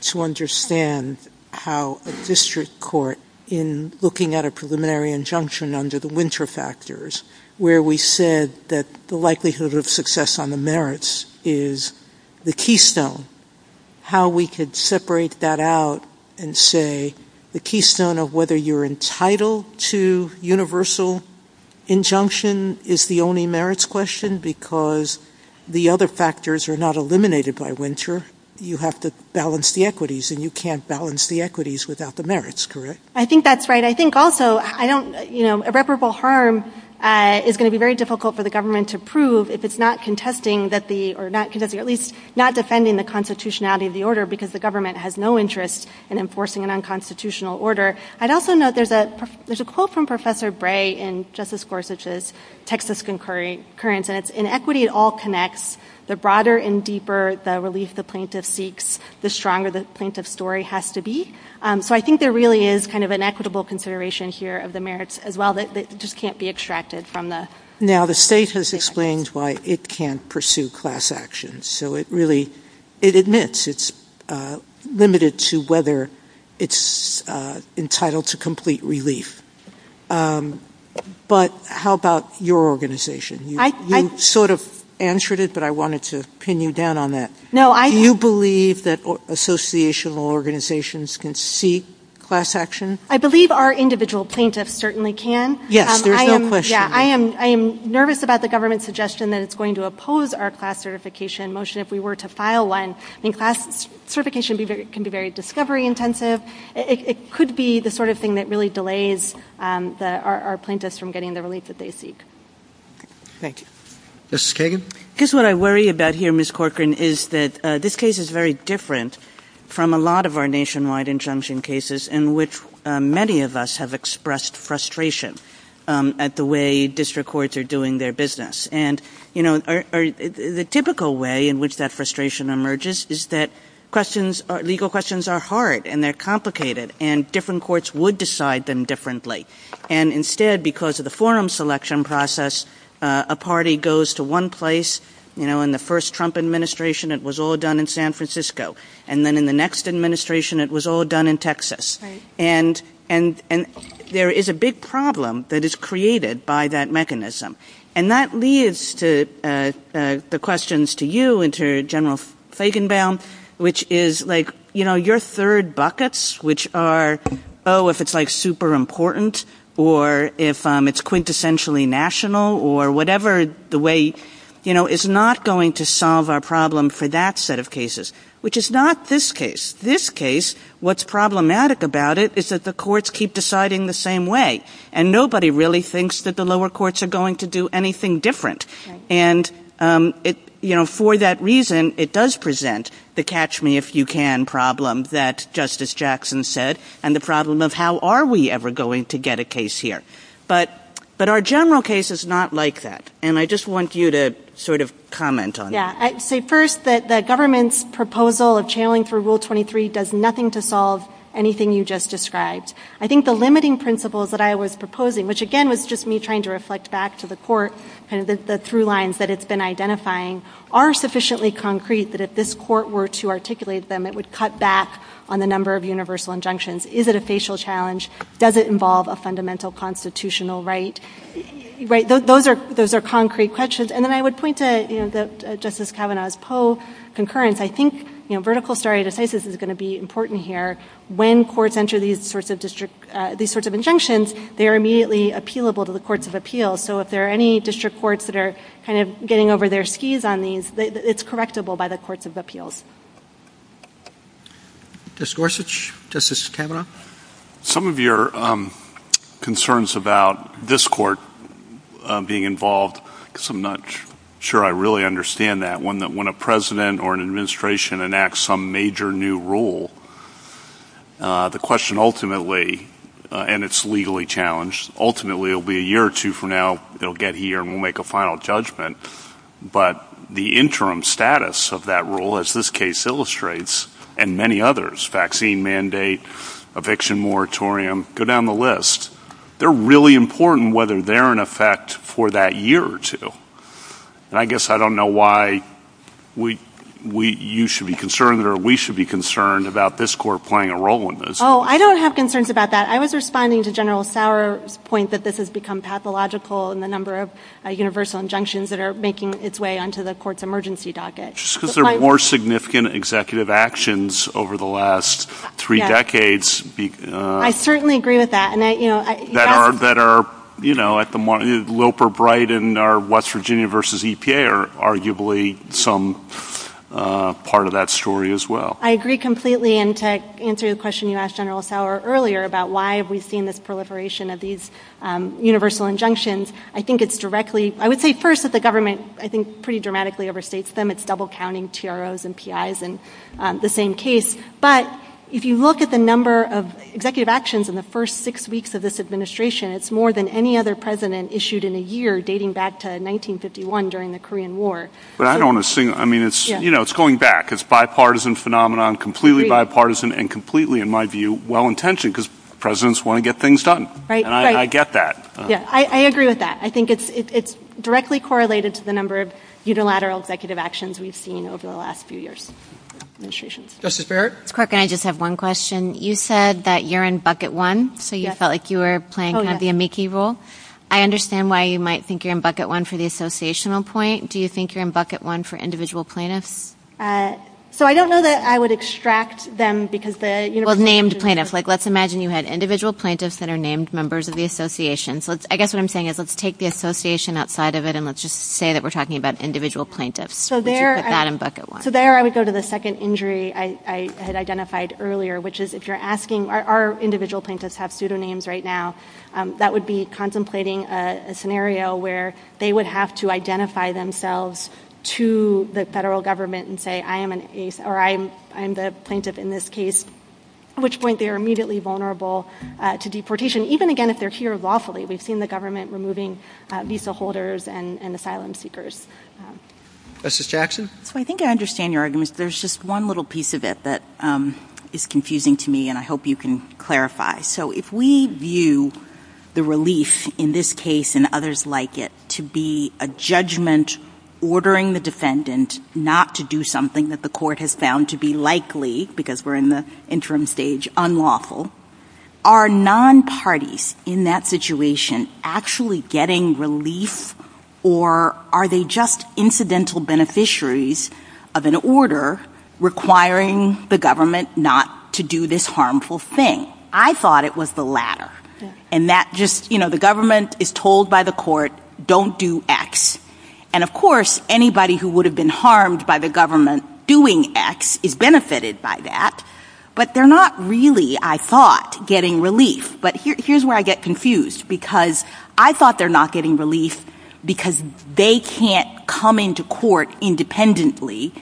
to understand how a district court, in looking at a preliminary injunction under the winter factors, where we said that the likelihood of success on the merits is the keystone, how we could separate that out and say the keystone of whether you're entitled to universal injunction is the only merits question because the other factors are not eliminated by winter. You have to balance the equities, and you can't balance the equities without the merits, correct? I think that's right. I think also, you know, irreparable harm is going to be very difficult for the government to prove if it's not contesting, or at least not defending the constitutionality of the order because the government has no interest in enforcing an unconstitutional order. I'd also note there's a quote from Professor Bray in Justice Gorsuch's Texas Concurrence, and it's, In equity it all connects. The broader and deeper the relief the plaintiff seeks, the stronger the plaintiff's story has to be. So I think there really is kind of an equitable consideration here of the merits as well that just can't be extracted from the. Now the status explains why it can't pursue class actions. So it really admits it's limited to whether it's entitled to complete relief. But how about your organization? You sort of answered it, but I wanted to pin you down on that. Do you believe that associational organizations can seek class action? I believe our individual plaintiffs certainly can. Yes, there's no question. I am nervous about the government's suggestion that it's going to oppose our class certification motion if we were to file one. I think class certification can be very discovery intensive. It could be the sort of thing that really delays our plaintiffs from getting the relief that they seek. Thank you. Mrs. Kagan? I guess what I worry about here, Ms. Corcoran, is that this case is very different from a lot of our nationwide injunction cases in which many of us have expressed frustration at the way district courts are doing their business. And the typical way in which that frustration emerges is that questions, legal questions are hard and they're complicated, and different courts would decide them differently. And instead, because of the forum selection process, a party goes to one place, you know, in the first Trump administration, it was all done in San Francisco. And then in the next administration, it was all done in Texas. And there is a big problem that is created by that mechanism. And that leads to the questions to you and to General Feigenbaum, which is like, you know, your third buckets, which are, oh, if it's like super important, or if it's quintessentially national, or whatever the way, you know, is not going to solve our problem for that set of cases, which is not this case. This case, what's problematic about it, is that the courts keep deciding the same way. And nobody really thinks that the lower courts are going to do anything different. And, you know, for that reason, it does present the catch-me-if-you-can problem that Justice Jackson said, and the problem of how are we ever going to get a case here. But our general case is not like that. And I just want you to sort of comment on that. First, the government's proposal of channeling for Rule 23 does nothing to solve anything you just described. I think the limiting principles that I was proposing, which again was just me trying to reflect back to the court, and the through lines that it's been identifying, are sufficiently concrete that if this court were to articulate them, it would cut back on the number of universal injunctions. Is it a facial challenge? Does it involve a fundamental constitutional right? Those are concrete questions. And then I would point to Justice Kavanaugh's poll concurrence. I think vertical stare decisis is going to be important here. When courts enter these sorts of injunctions, they are immediately appealable to the courts of appeals. So if there are any district courts that are kind of getting over their skis on these, it's correctable by the courts of appeals. Justice Gorsuch? Justice Kavanaugh? Some of your concerns about this court being involved, because I'm not sure I really understand that, when a president or an administration enacts some major new rule, the question ultimately, and it's legally challenged, ultimately it will be a year or two from now, they'll get here and we'll make a final judgment. But the interim status of that rule, as this case illustrates, and many others, vaccine mandate, eviction moratorium, go down the list, they're really important whether they're in effect for that year or two. And I guess I don't know why you should be concerned or we should be concerned about this court playing a role in this. Oh, I don't have concerns about that. I was responding to General Sauer's point that this has become pathological in the number of universal injunctions that are making its way onto the court's emergency docket. Just because there are more significant executive actions over the last three decades. I certainly agree with that. That are, you know, like the Loper-Bright and our West Virginia v. EPA are arguably some part of that story as well. I agree completely and to answer the question you asked General Sauer earlier about why we've seen this proliferation of these universal injunctions, I think it's directly, I would say first that the government, I think, pretty dramatically overstates them, it's double counting TROs and PIs in the same case. But if you look at the number of executive actions in the first six weeks of this administration, it's more than any other president issued in a year dating back to 1951 during the Korean War. But I don't want to sing, I mean, you know, it's going back, it's bipartisan phenomenon, completely bipartisan and completely, in my view, well-intentioned because presidents want to get things done and I get that. Yeah, I agree with that. I think it's directly correlated to the number of unilateral executive actions we've seen over the last few years. Justice Barrett. Mr. Corker, I just have one question. You said that you're in bucket one, so you felt like you were playing kind of the amici role. I understand why you might think you're in bucket one for the associational point. Do you think you're in bucket one for individual plaintiffs? So I don't know that I would extract them because the, you know, Well, named plaintiffs, like let's imagine you had individual plaintiffs that are named members of the association. So I guess what I'm saying is let's take the association outside of it and let's just say that we're talking about individual plaintiffs. So there I would go to the second injury I had identified earlier, which is if you're asking are individual plaintiffs have pseudonyms right now, that would be contemplating a scenario where they would have to identify themselves to the federal government and say I am an ace or I am the plaintiff in this case, at which point they are immediately vulnerable to deportation, even again if they're here lawfully. We've seen the government removing visa holders and asylum seekers. Justice Jackson. So I think I understand your argument. There's just one little piece of it that is confusing to me, and I hope you can clarify. So if we view the relief in this case and others like it to be a judgment, ordering the defendant not to do something that the court has found to be likely, because we're in the interim stage, unlawful, are non-parties in that situation actually getting relief or are they just incidental beneficiaries of an order requiring the government not to do this harmful thing? I thought it was the latter. And that just, you know, the government is told by the court don't do X. And, of course, anybody who would have been harmed by the government doing X is benefited by that, but they're not really, I thought, getting relief. But here's where I get confused because I thought they're not getting relief because they can't come into court independently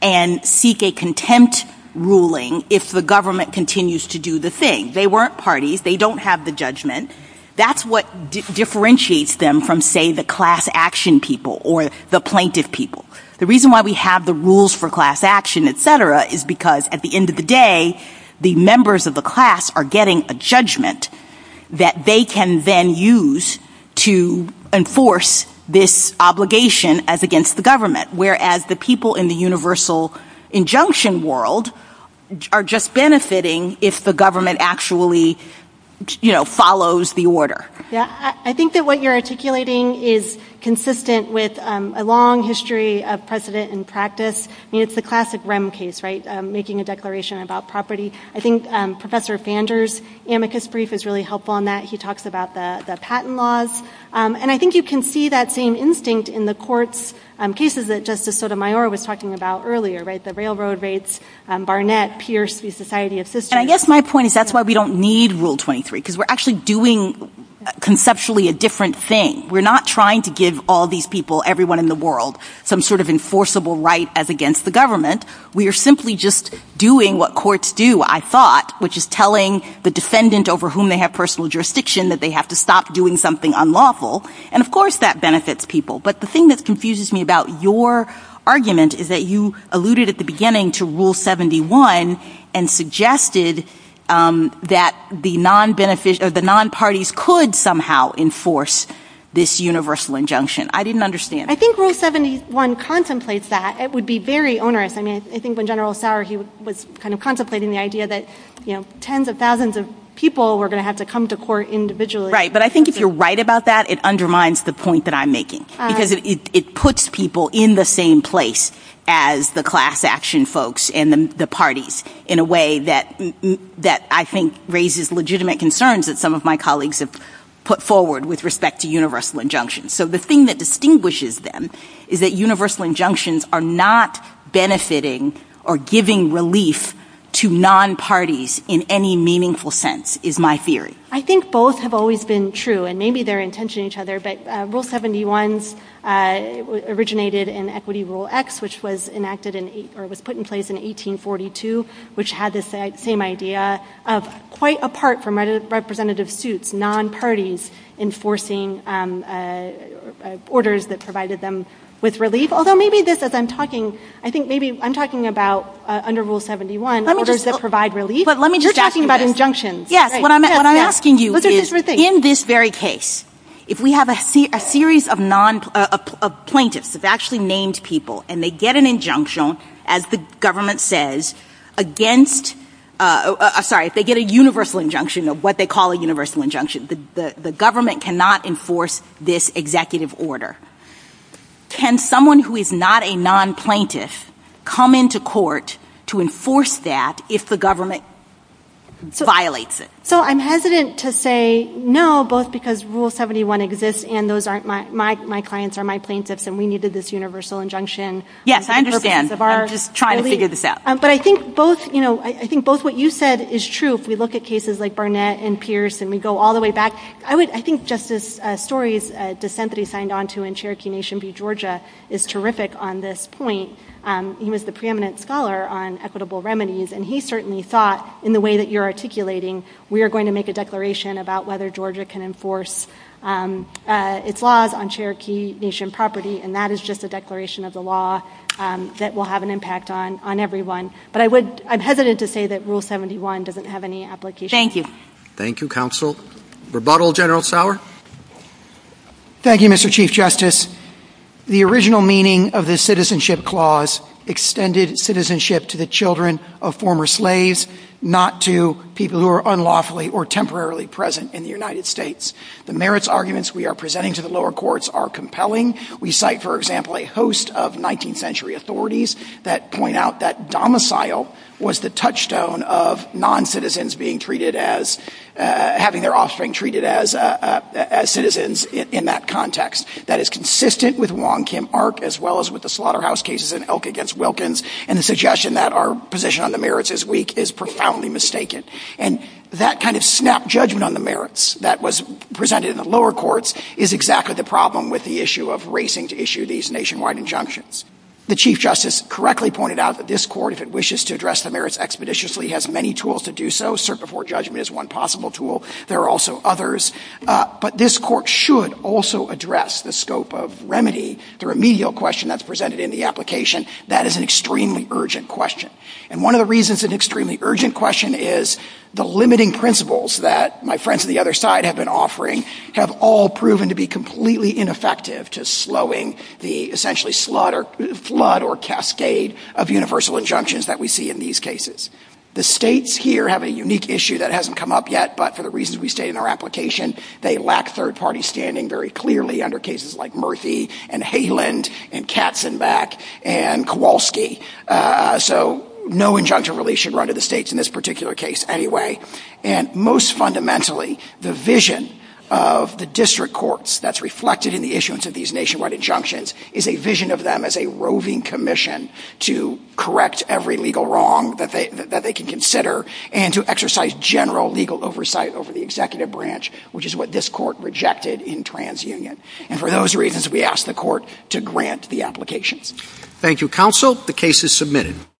and seek a contempt ruling if the government continues to do the thing. They weren't parties. They don't have the judgment. That's what differentiates them from, say, the class action people or the plaintiff people. The reason why we have the rules for class action, et cetera, is because at the end of the day the members of the class are getting a judgment that they can then use to enforce this obligation as against the government, whereas the people in the universal injunction world are just benefiting if the government actually, you know, follows the order. Yeah. I think that what you're articulating is consistent with a long history of precedent and practice. I mean, it's the classic REM case, right, making a declaration about property. I think Professor Fander's amicus brief is really helpful on that. He talks about the patent laws. And I think you can see that same instinct in the courts, cases that Justice Sotomayor was talking about earlier, right, the railroad rates, Barnett, Pierce v. Society of Sisters. I guess my point is that's why we don't need Rule 23 because we're actually doing conceptually a different thing. We're not trying to give all these people, everyone in the world, some sort of enforceable right as against the government. We are simply just doing what courts do, I thought, which is telling the defendant over whom they have personal jurisdiction that they have to stop doing something unlawful. And, of course, that benefits people. But the thing that confuses me about your argument is that you alluded at the beginning to Rule 71 and suggested that the non-parties could somehow enforce this universal injunction. I didn't understand. I think Rule 71 contemplates that. It would be very onerous. I mean, I think when General Sauer, he was kind of contemplating the idea that, you know, Right, but I think if you're right about that, it undermines the point that I'm making because it puts people in the same place as the class action folks and the parties in a way that I think raises legitimate concerns that some of my colleagues have put forward with respect to universal injunctions. So the thing that distinguishes them is that universal injunctions are not benefiting or giving relief to non-parties in any meaningful sense, is my theory. I think both have always been true, and maybe they're in tension with each other, but Rule 71 originated in Equity Rule X, which was put in place in 1842, which had the same idea of quite apart from representative suits, non-parties enforcing orders that provided them with relief. Although maybe this, as I'm talking, I think maybe I'm talking about under Rule 71, orders that provide relief. You're talking about injunctions. Yes. What I'm asking you is, in this very case, if we have a series of plaintiffs, of actually named people, and they get an injunction, as the government says, against, sorry, if they get a universal injunction or what they call a universal injunction, the government cannot enforce this executive order. Can someone who is not a non-plaintiff come into court to enforce that if the government violates it? So I'm hesitant to say no, both because Rule 71 exists and my clients are my plaintiffs and we needed this universal injunction. Yes, I understand. I'm just trying to figure this out. But I think both what you said is true. If we look at cases like Barnett and Pierce and we go all the way back, I think Justice Story's dissent that he signed on to in Cherokee Nation v. Georgia is terrific on this point. He was the preeminent scholar on equitable remedies, and he certainly thought in the way that you're articulating we are going to make a declaration about whether Georgia can enforce its laws on Cherokee Nation property, and that is just a declaration of the law that will have an impact on everyone. But I'm hesitant to say that Rule 71 doesn't have any application. Thank you. Thank you, counsel. Rebuttal, General Sauer? Thank you, Mr. Chief Justice. The original meaning of the citizenship clause extended citizenship to the children of former slaves, not to people who are unlawfully or temporarily present in the United States. The merits arguments we are presenting to the lower courts are compelling. We cite, for example, a host of 19th century authorities that point out that domicile was the touchstone of noncitizens having their offspring treated as citizens in that context. That is consistent with Wong Kim Ark as well as with the slaughterhouse cases in Elk v. Wilkins and the suggestion that our position on the merits is weak is profoundly mistaken. And that kind of snap judgment on the merits that was presented in the lower courts is exactly the problem with the issue of racing to issue these nationwide injunctions. The Chief Justice correctly pointed out that this court, if it wishes to address the merits expeditiously, has many tools to do so. Cert before judgment is one possible tool. There are also others. But this court should also address the scope of remedy. The remedial question that's presented in the application, that is an extremely urgent question. And one of the reasons it's an extremely urgent question is the limiting principles that my friends on the other side have been offering have all proven to be completely ineffective to slowing the essentially flood or cascade of universal injunctions that we see in these cases. The states here have a unique issue that hasn't come up yet, but for the reasons we state in our application, they lack third-party standing very clearly under cases like Murthy and Haland and Katzenbach and Kowalski. So no injunction really should run to the states in this particular case anyway. And most fundamentally, the vision of the district courts that's reflected in the issuance of these nationwide injunctions is a vision of them as a roving commission to correct every legal wrong that they can consider and to exercise general legal oversight over the executive branch, which is what this court rejected in TransUnion. And for those reasons, we ask the court to grant the application. Thank you, counsel. The case is submitted.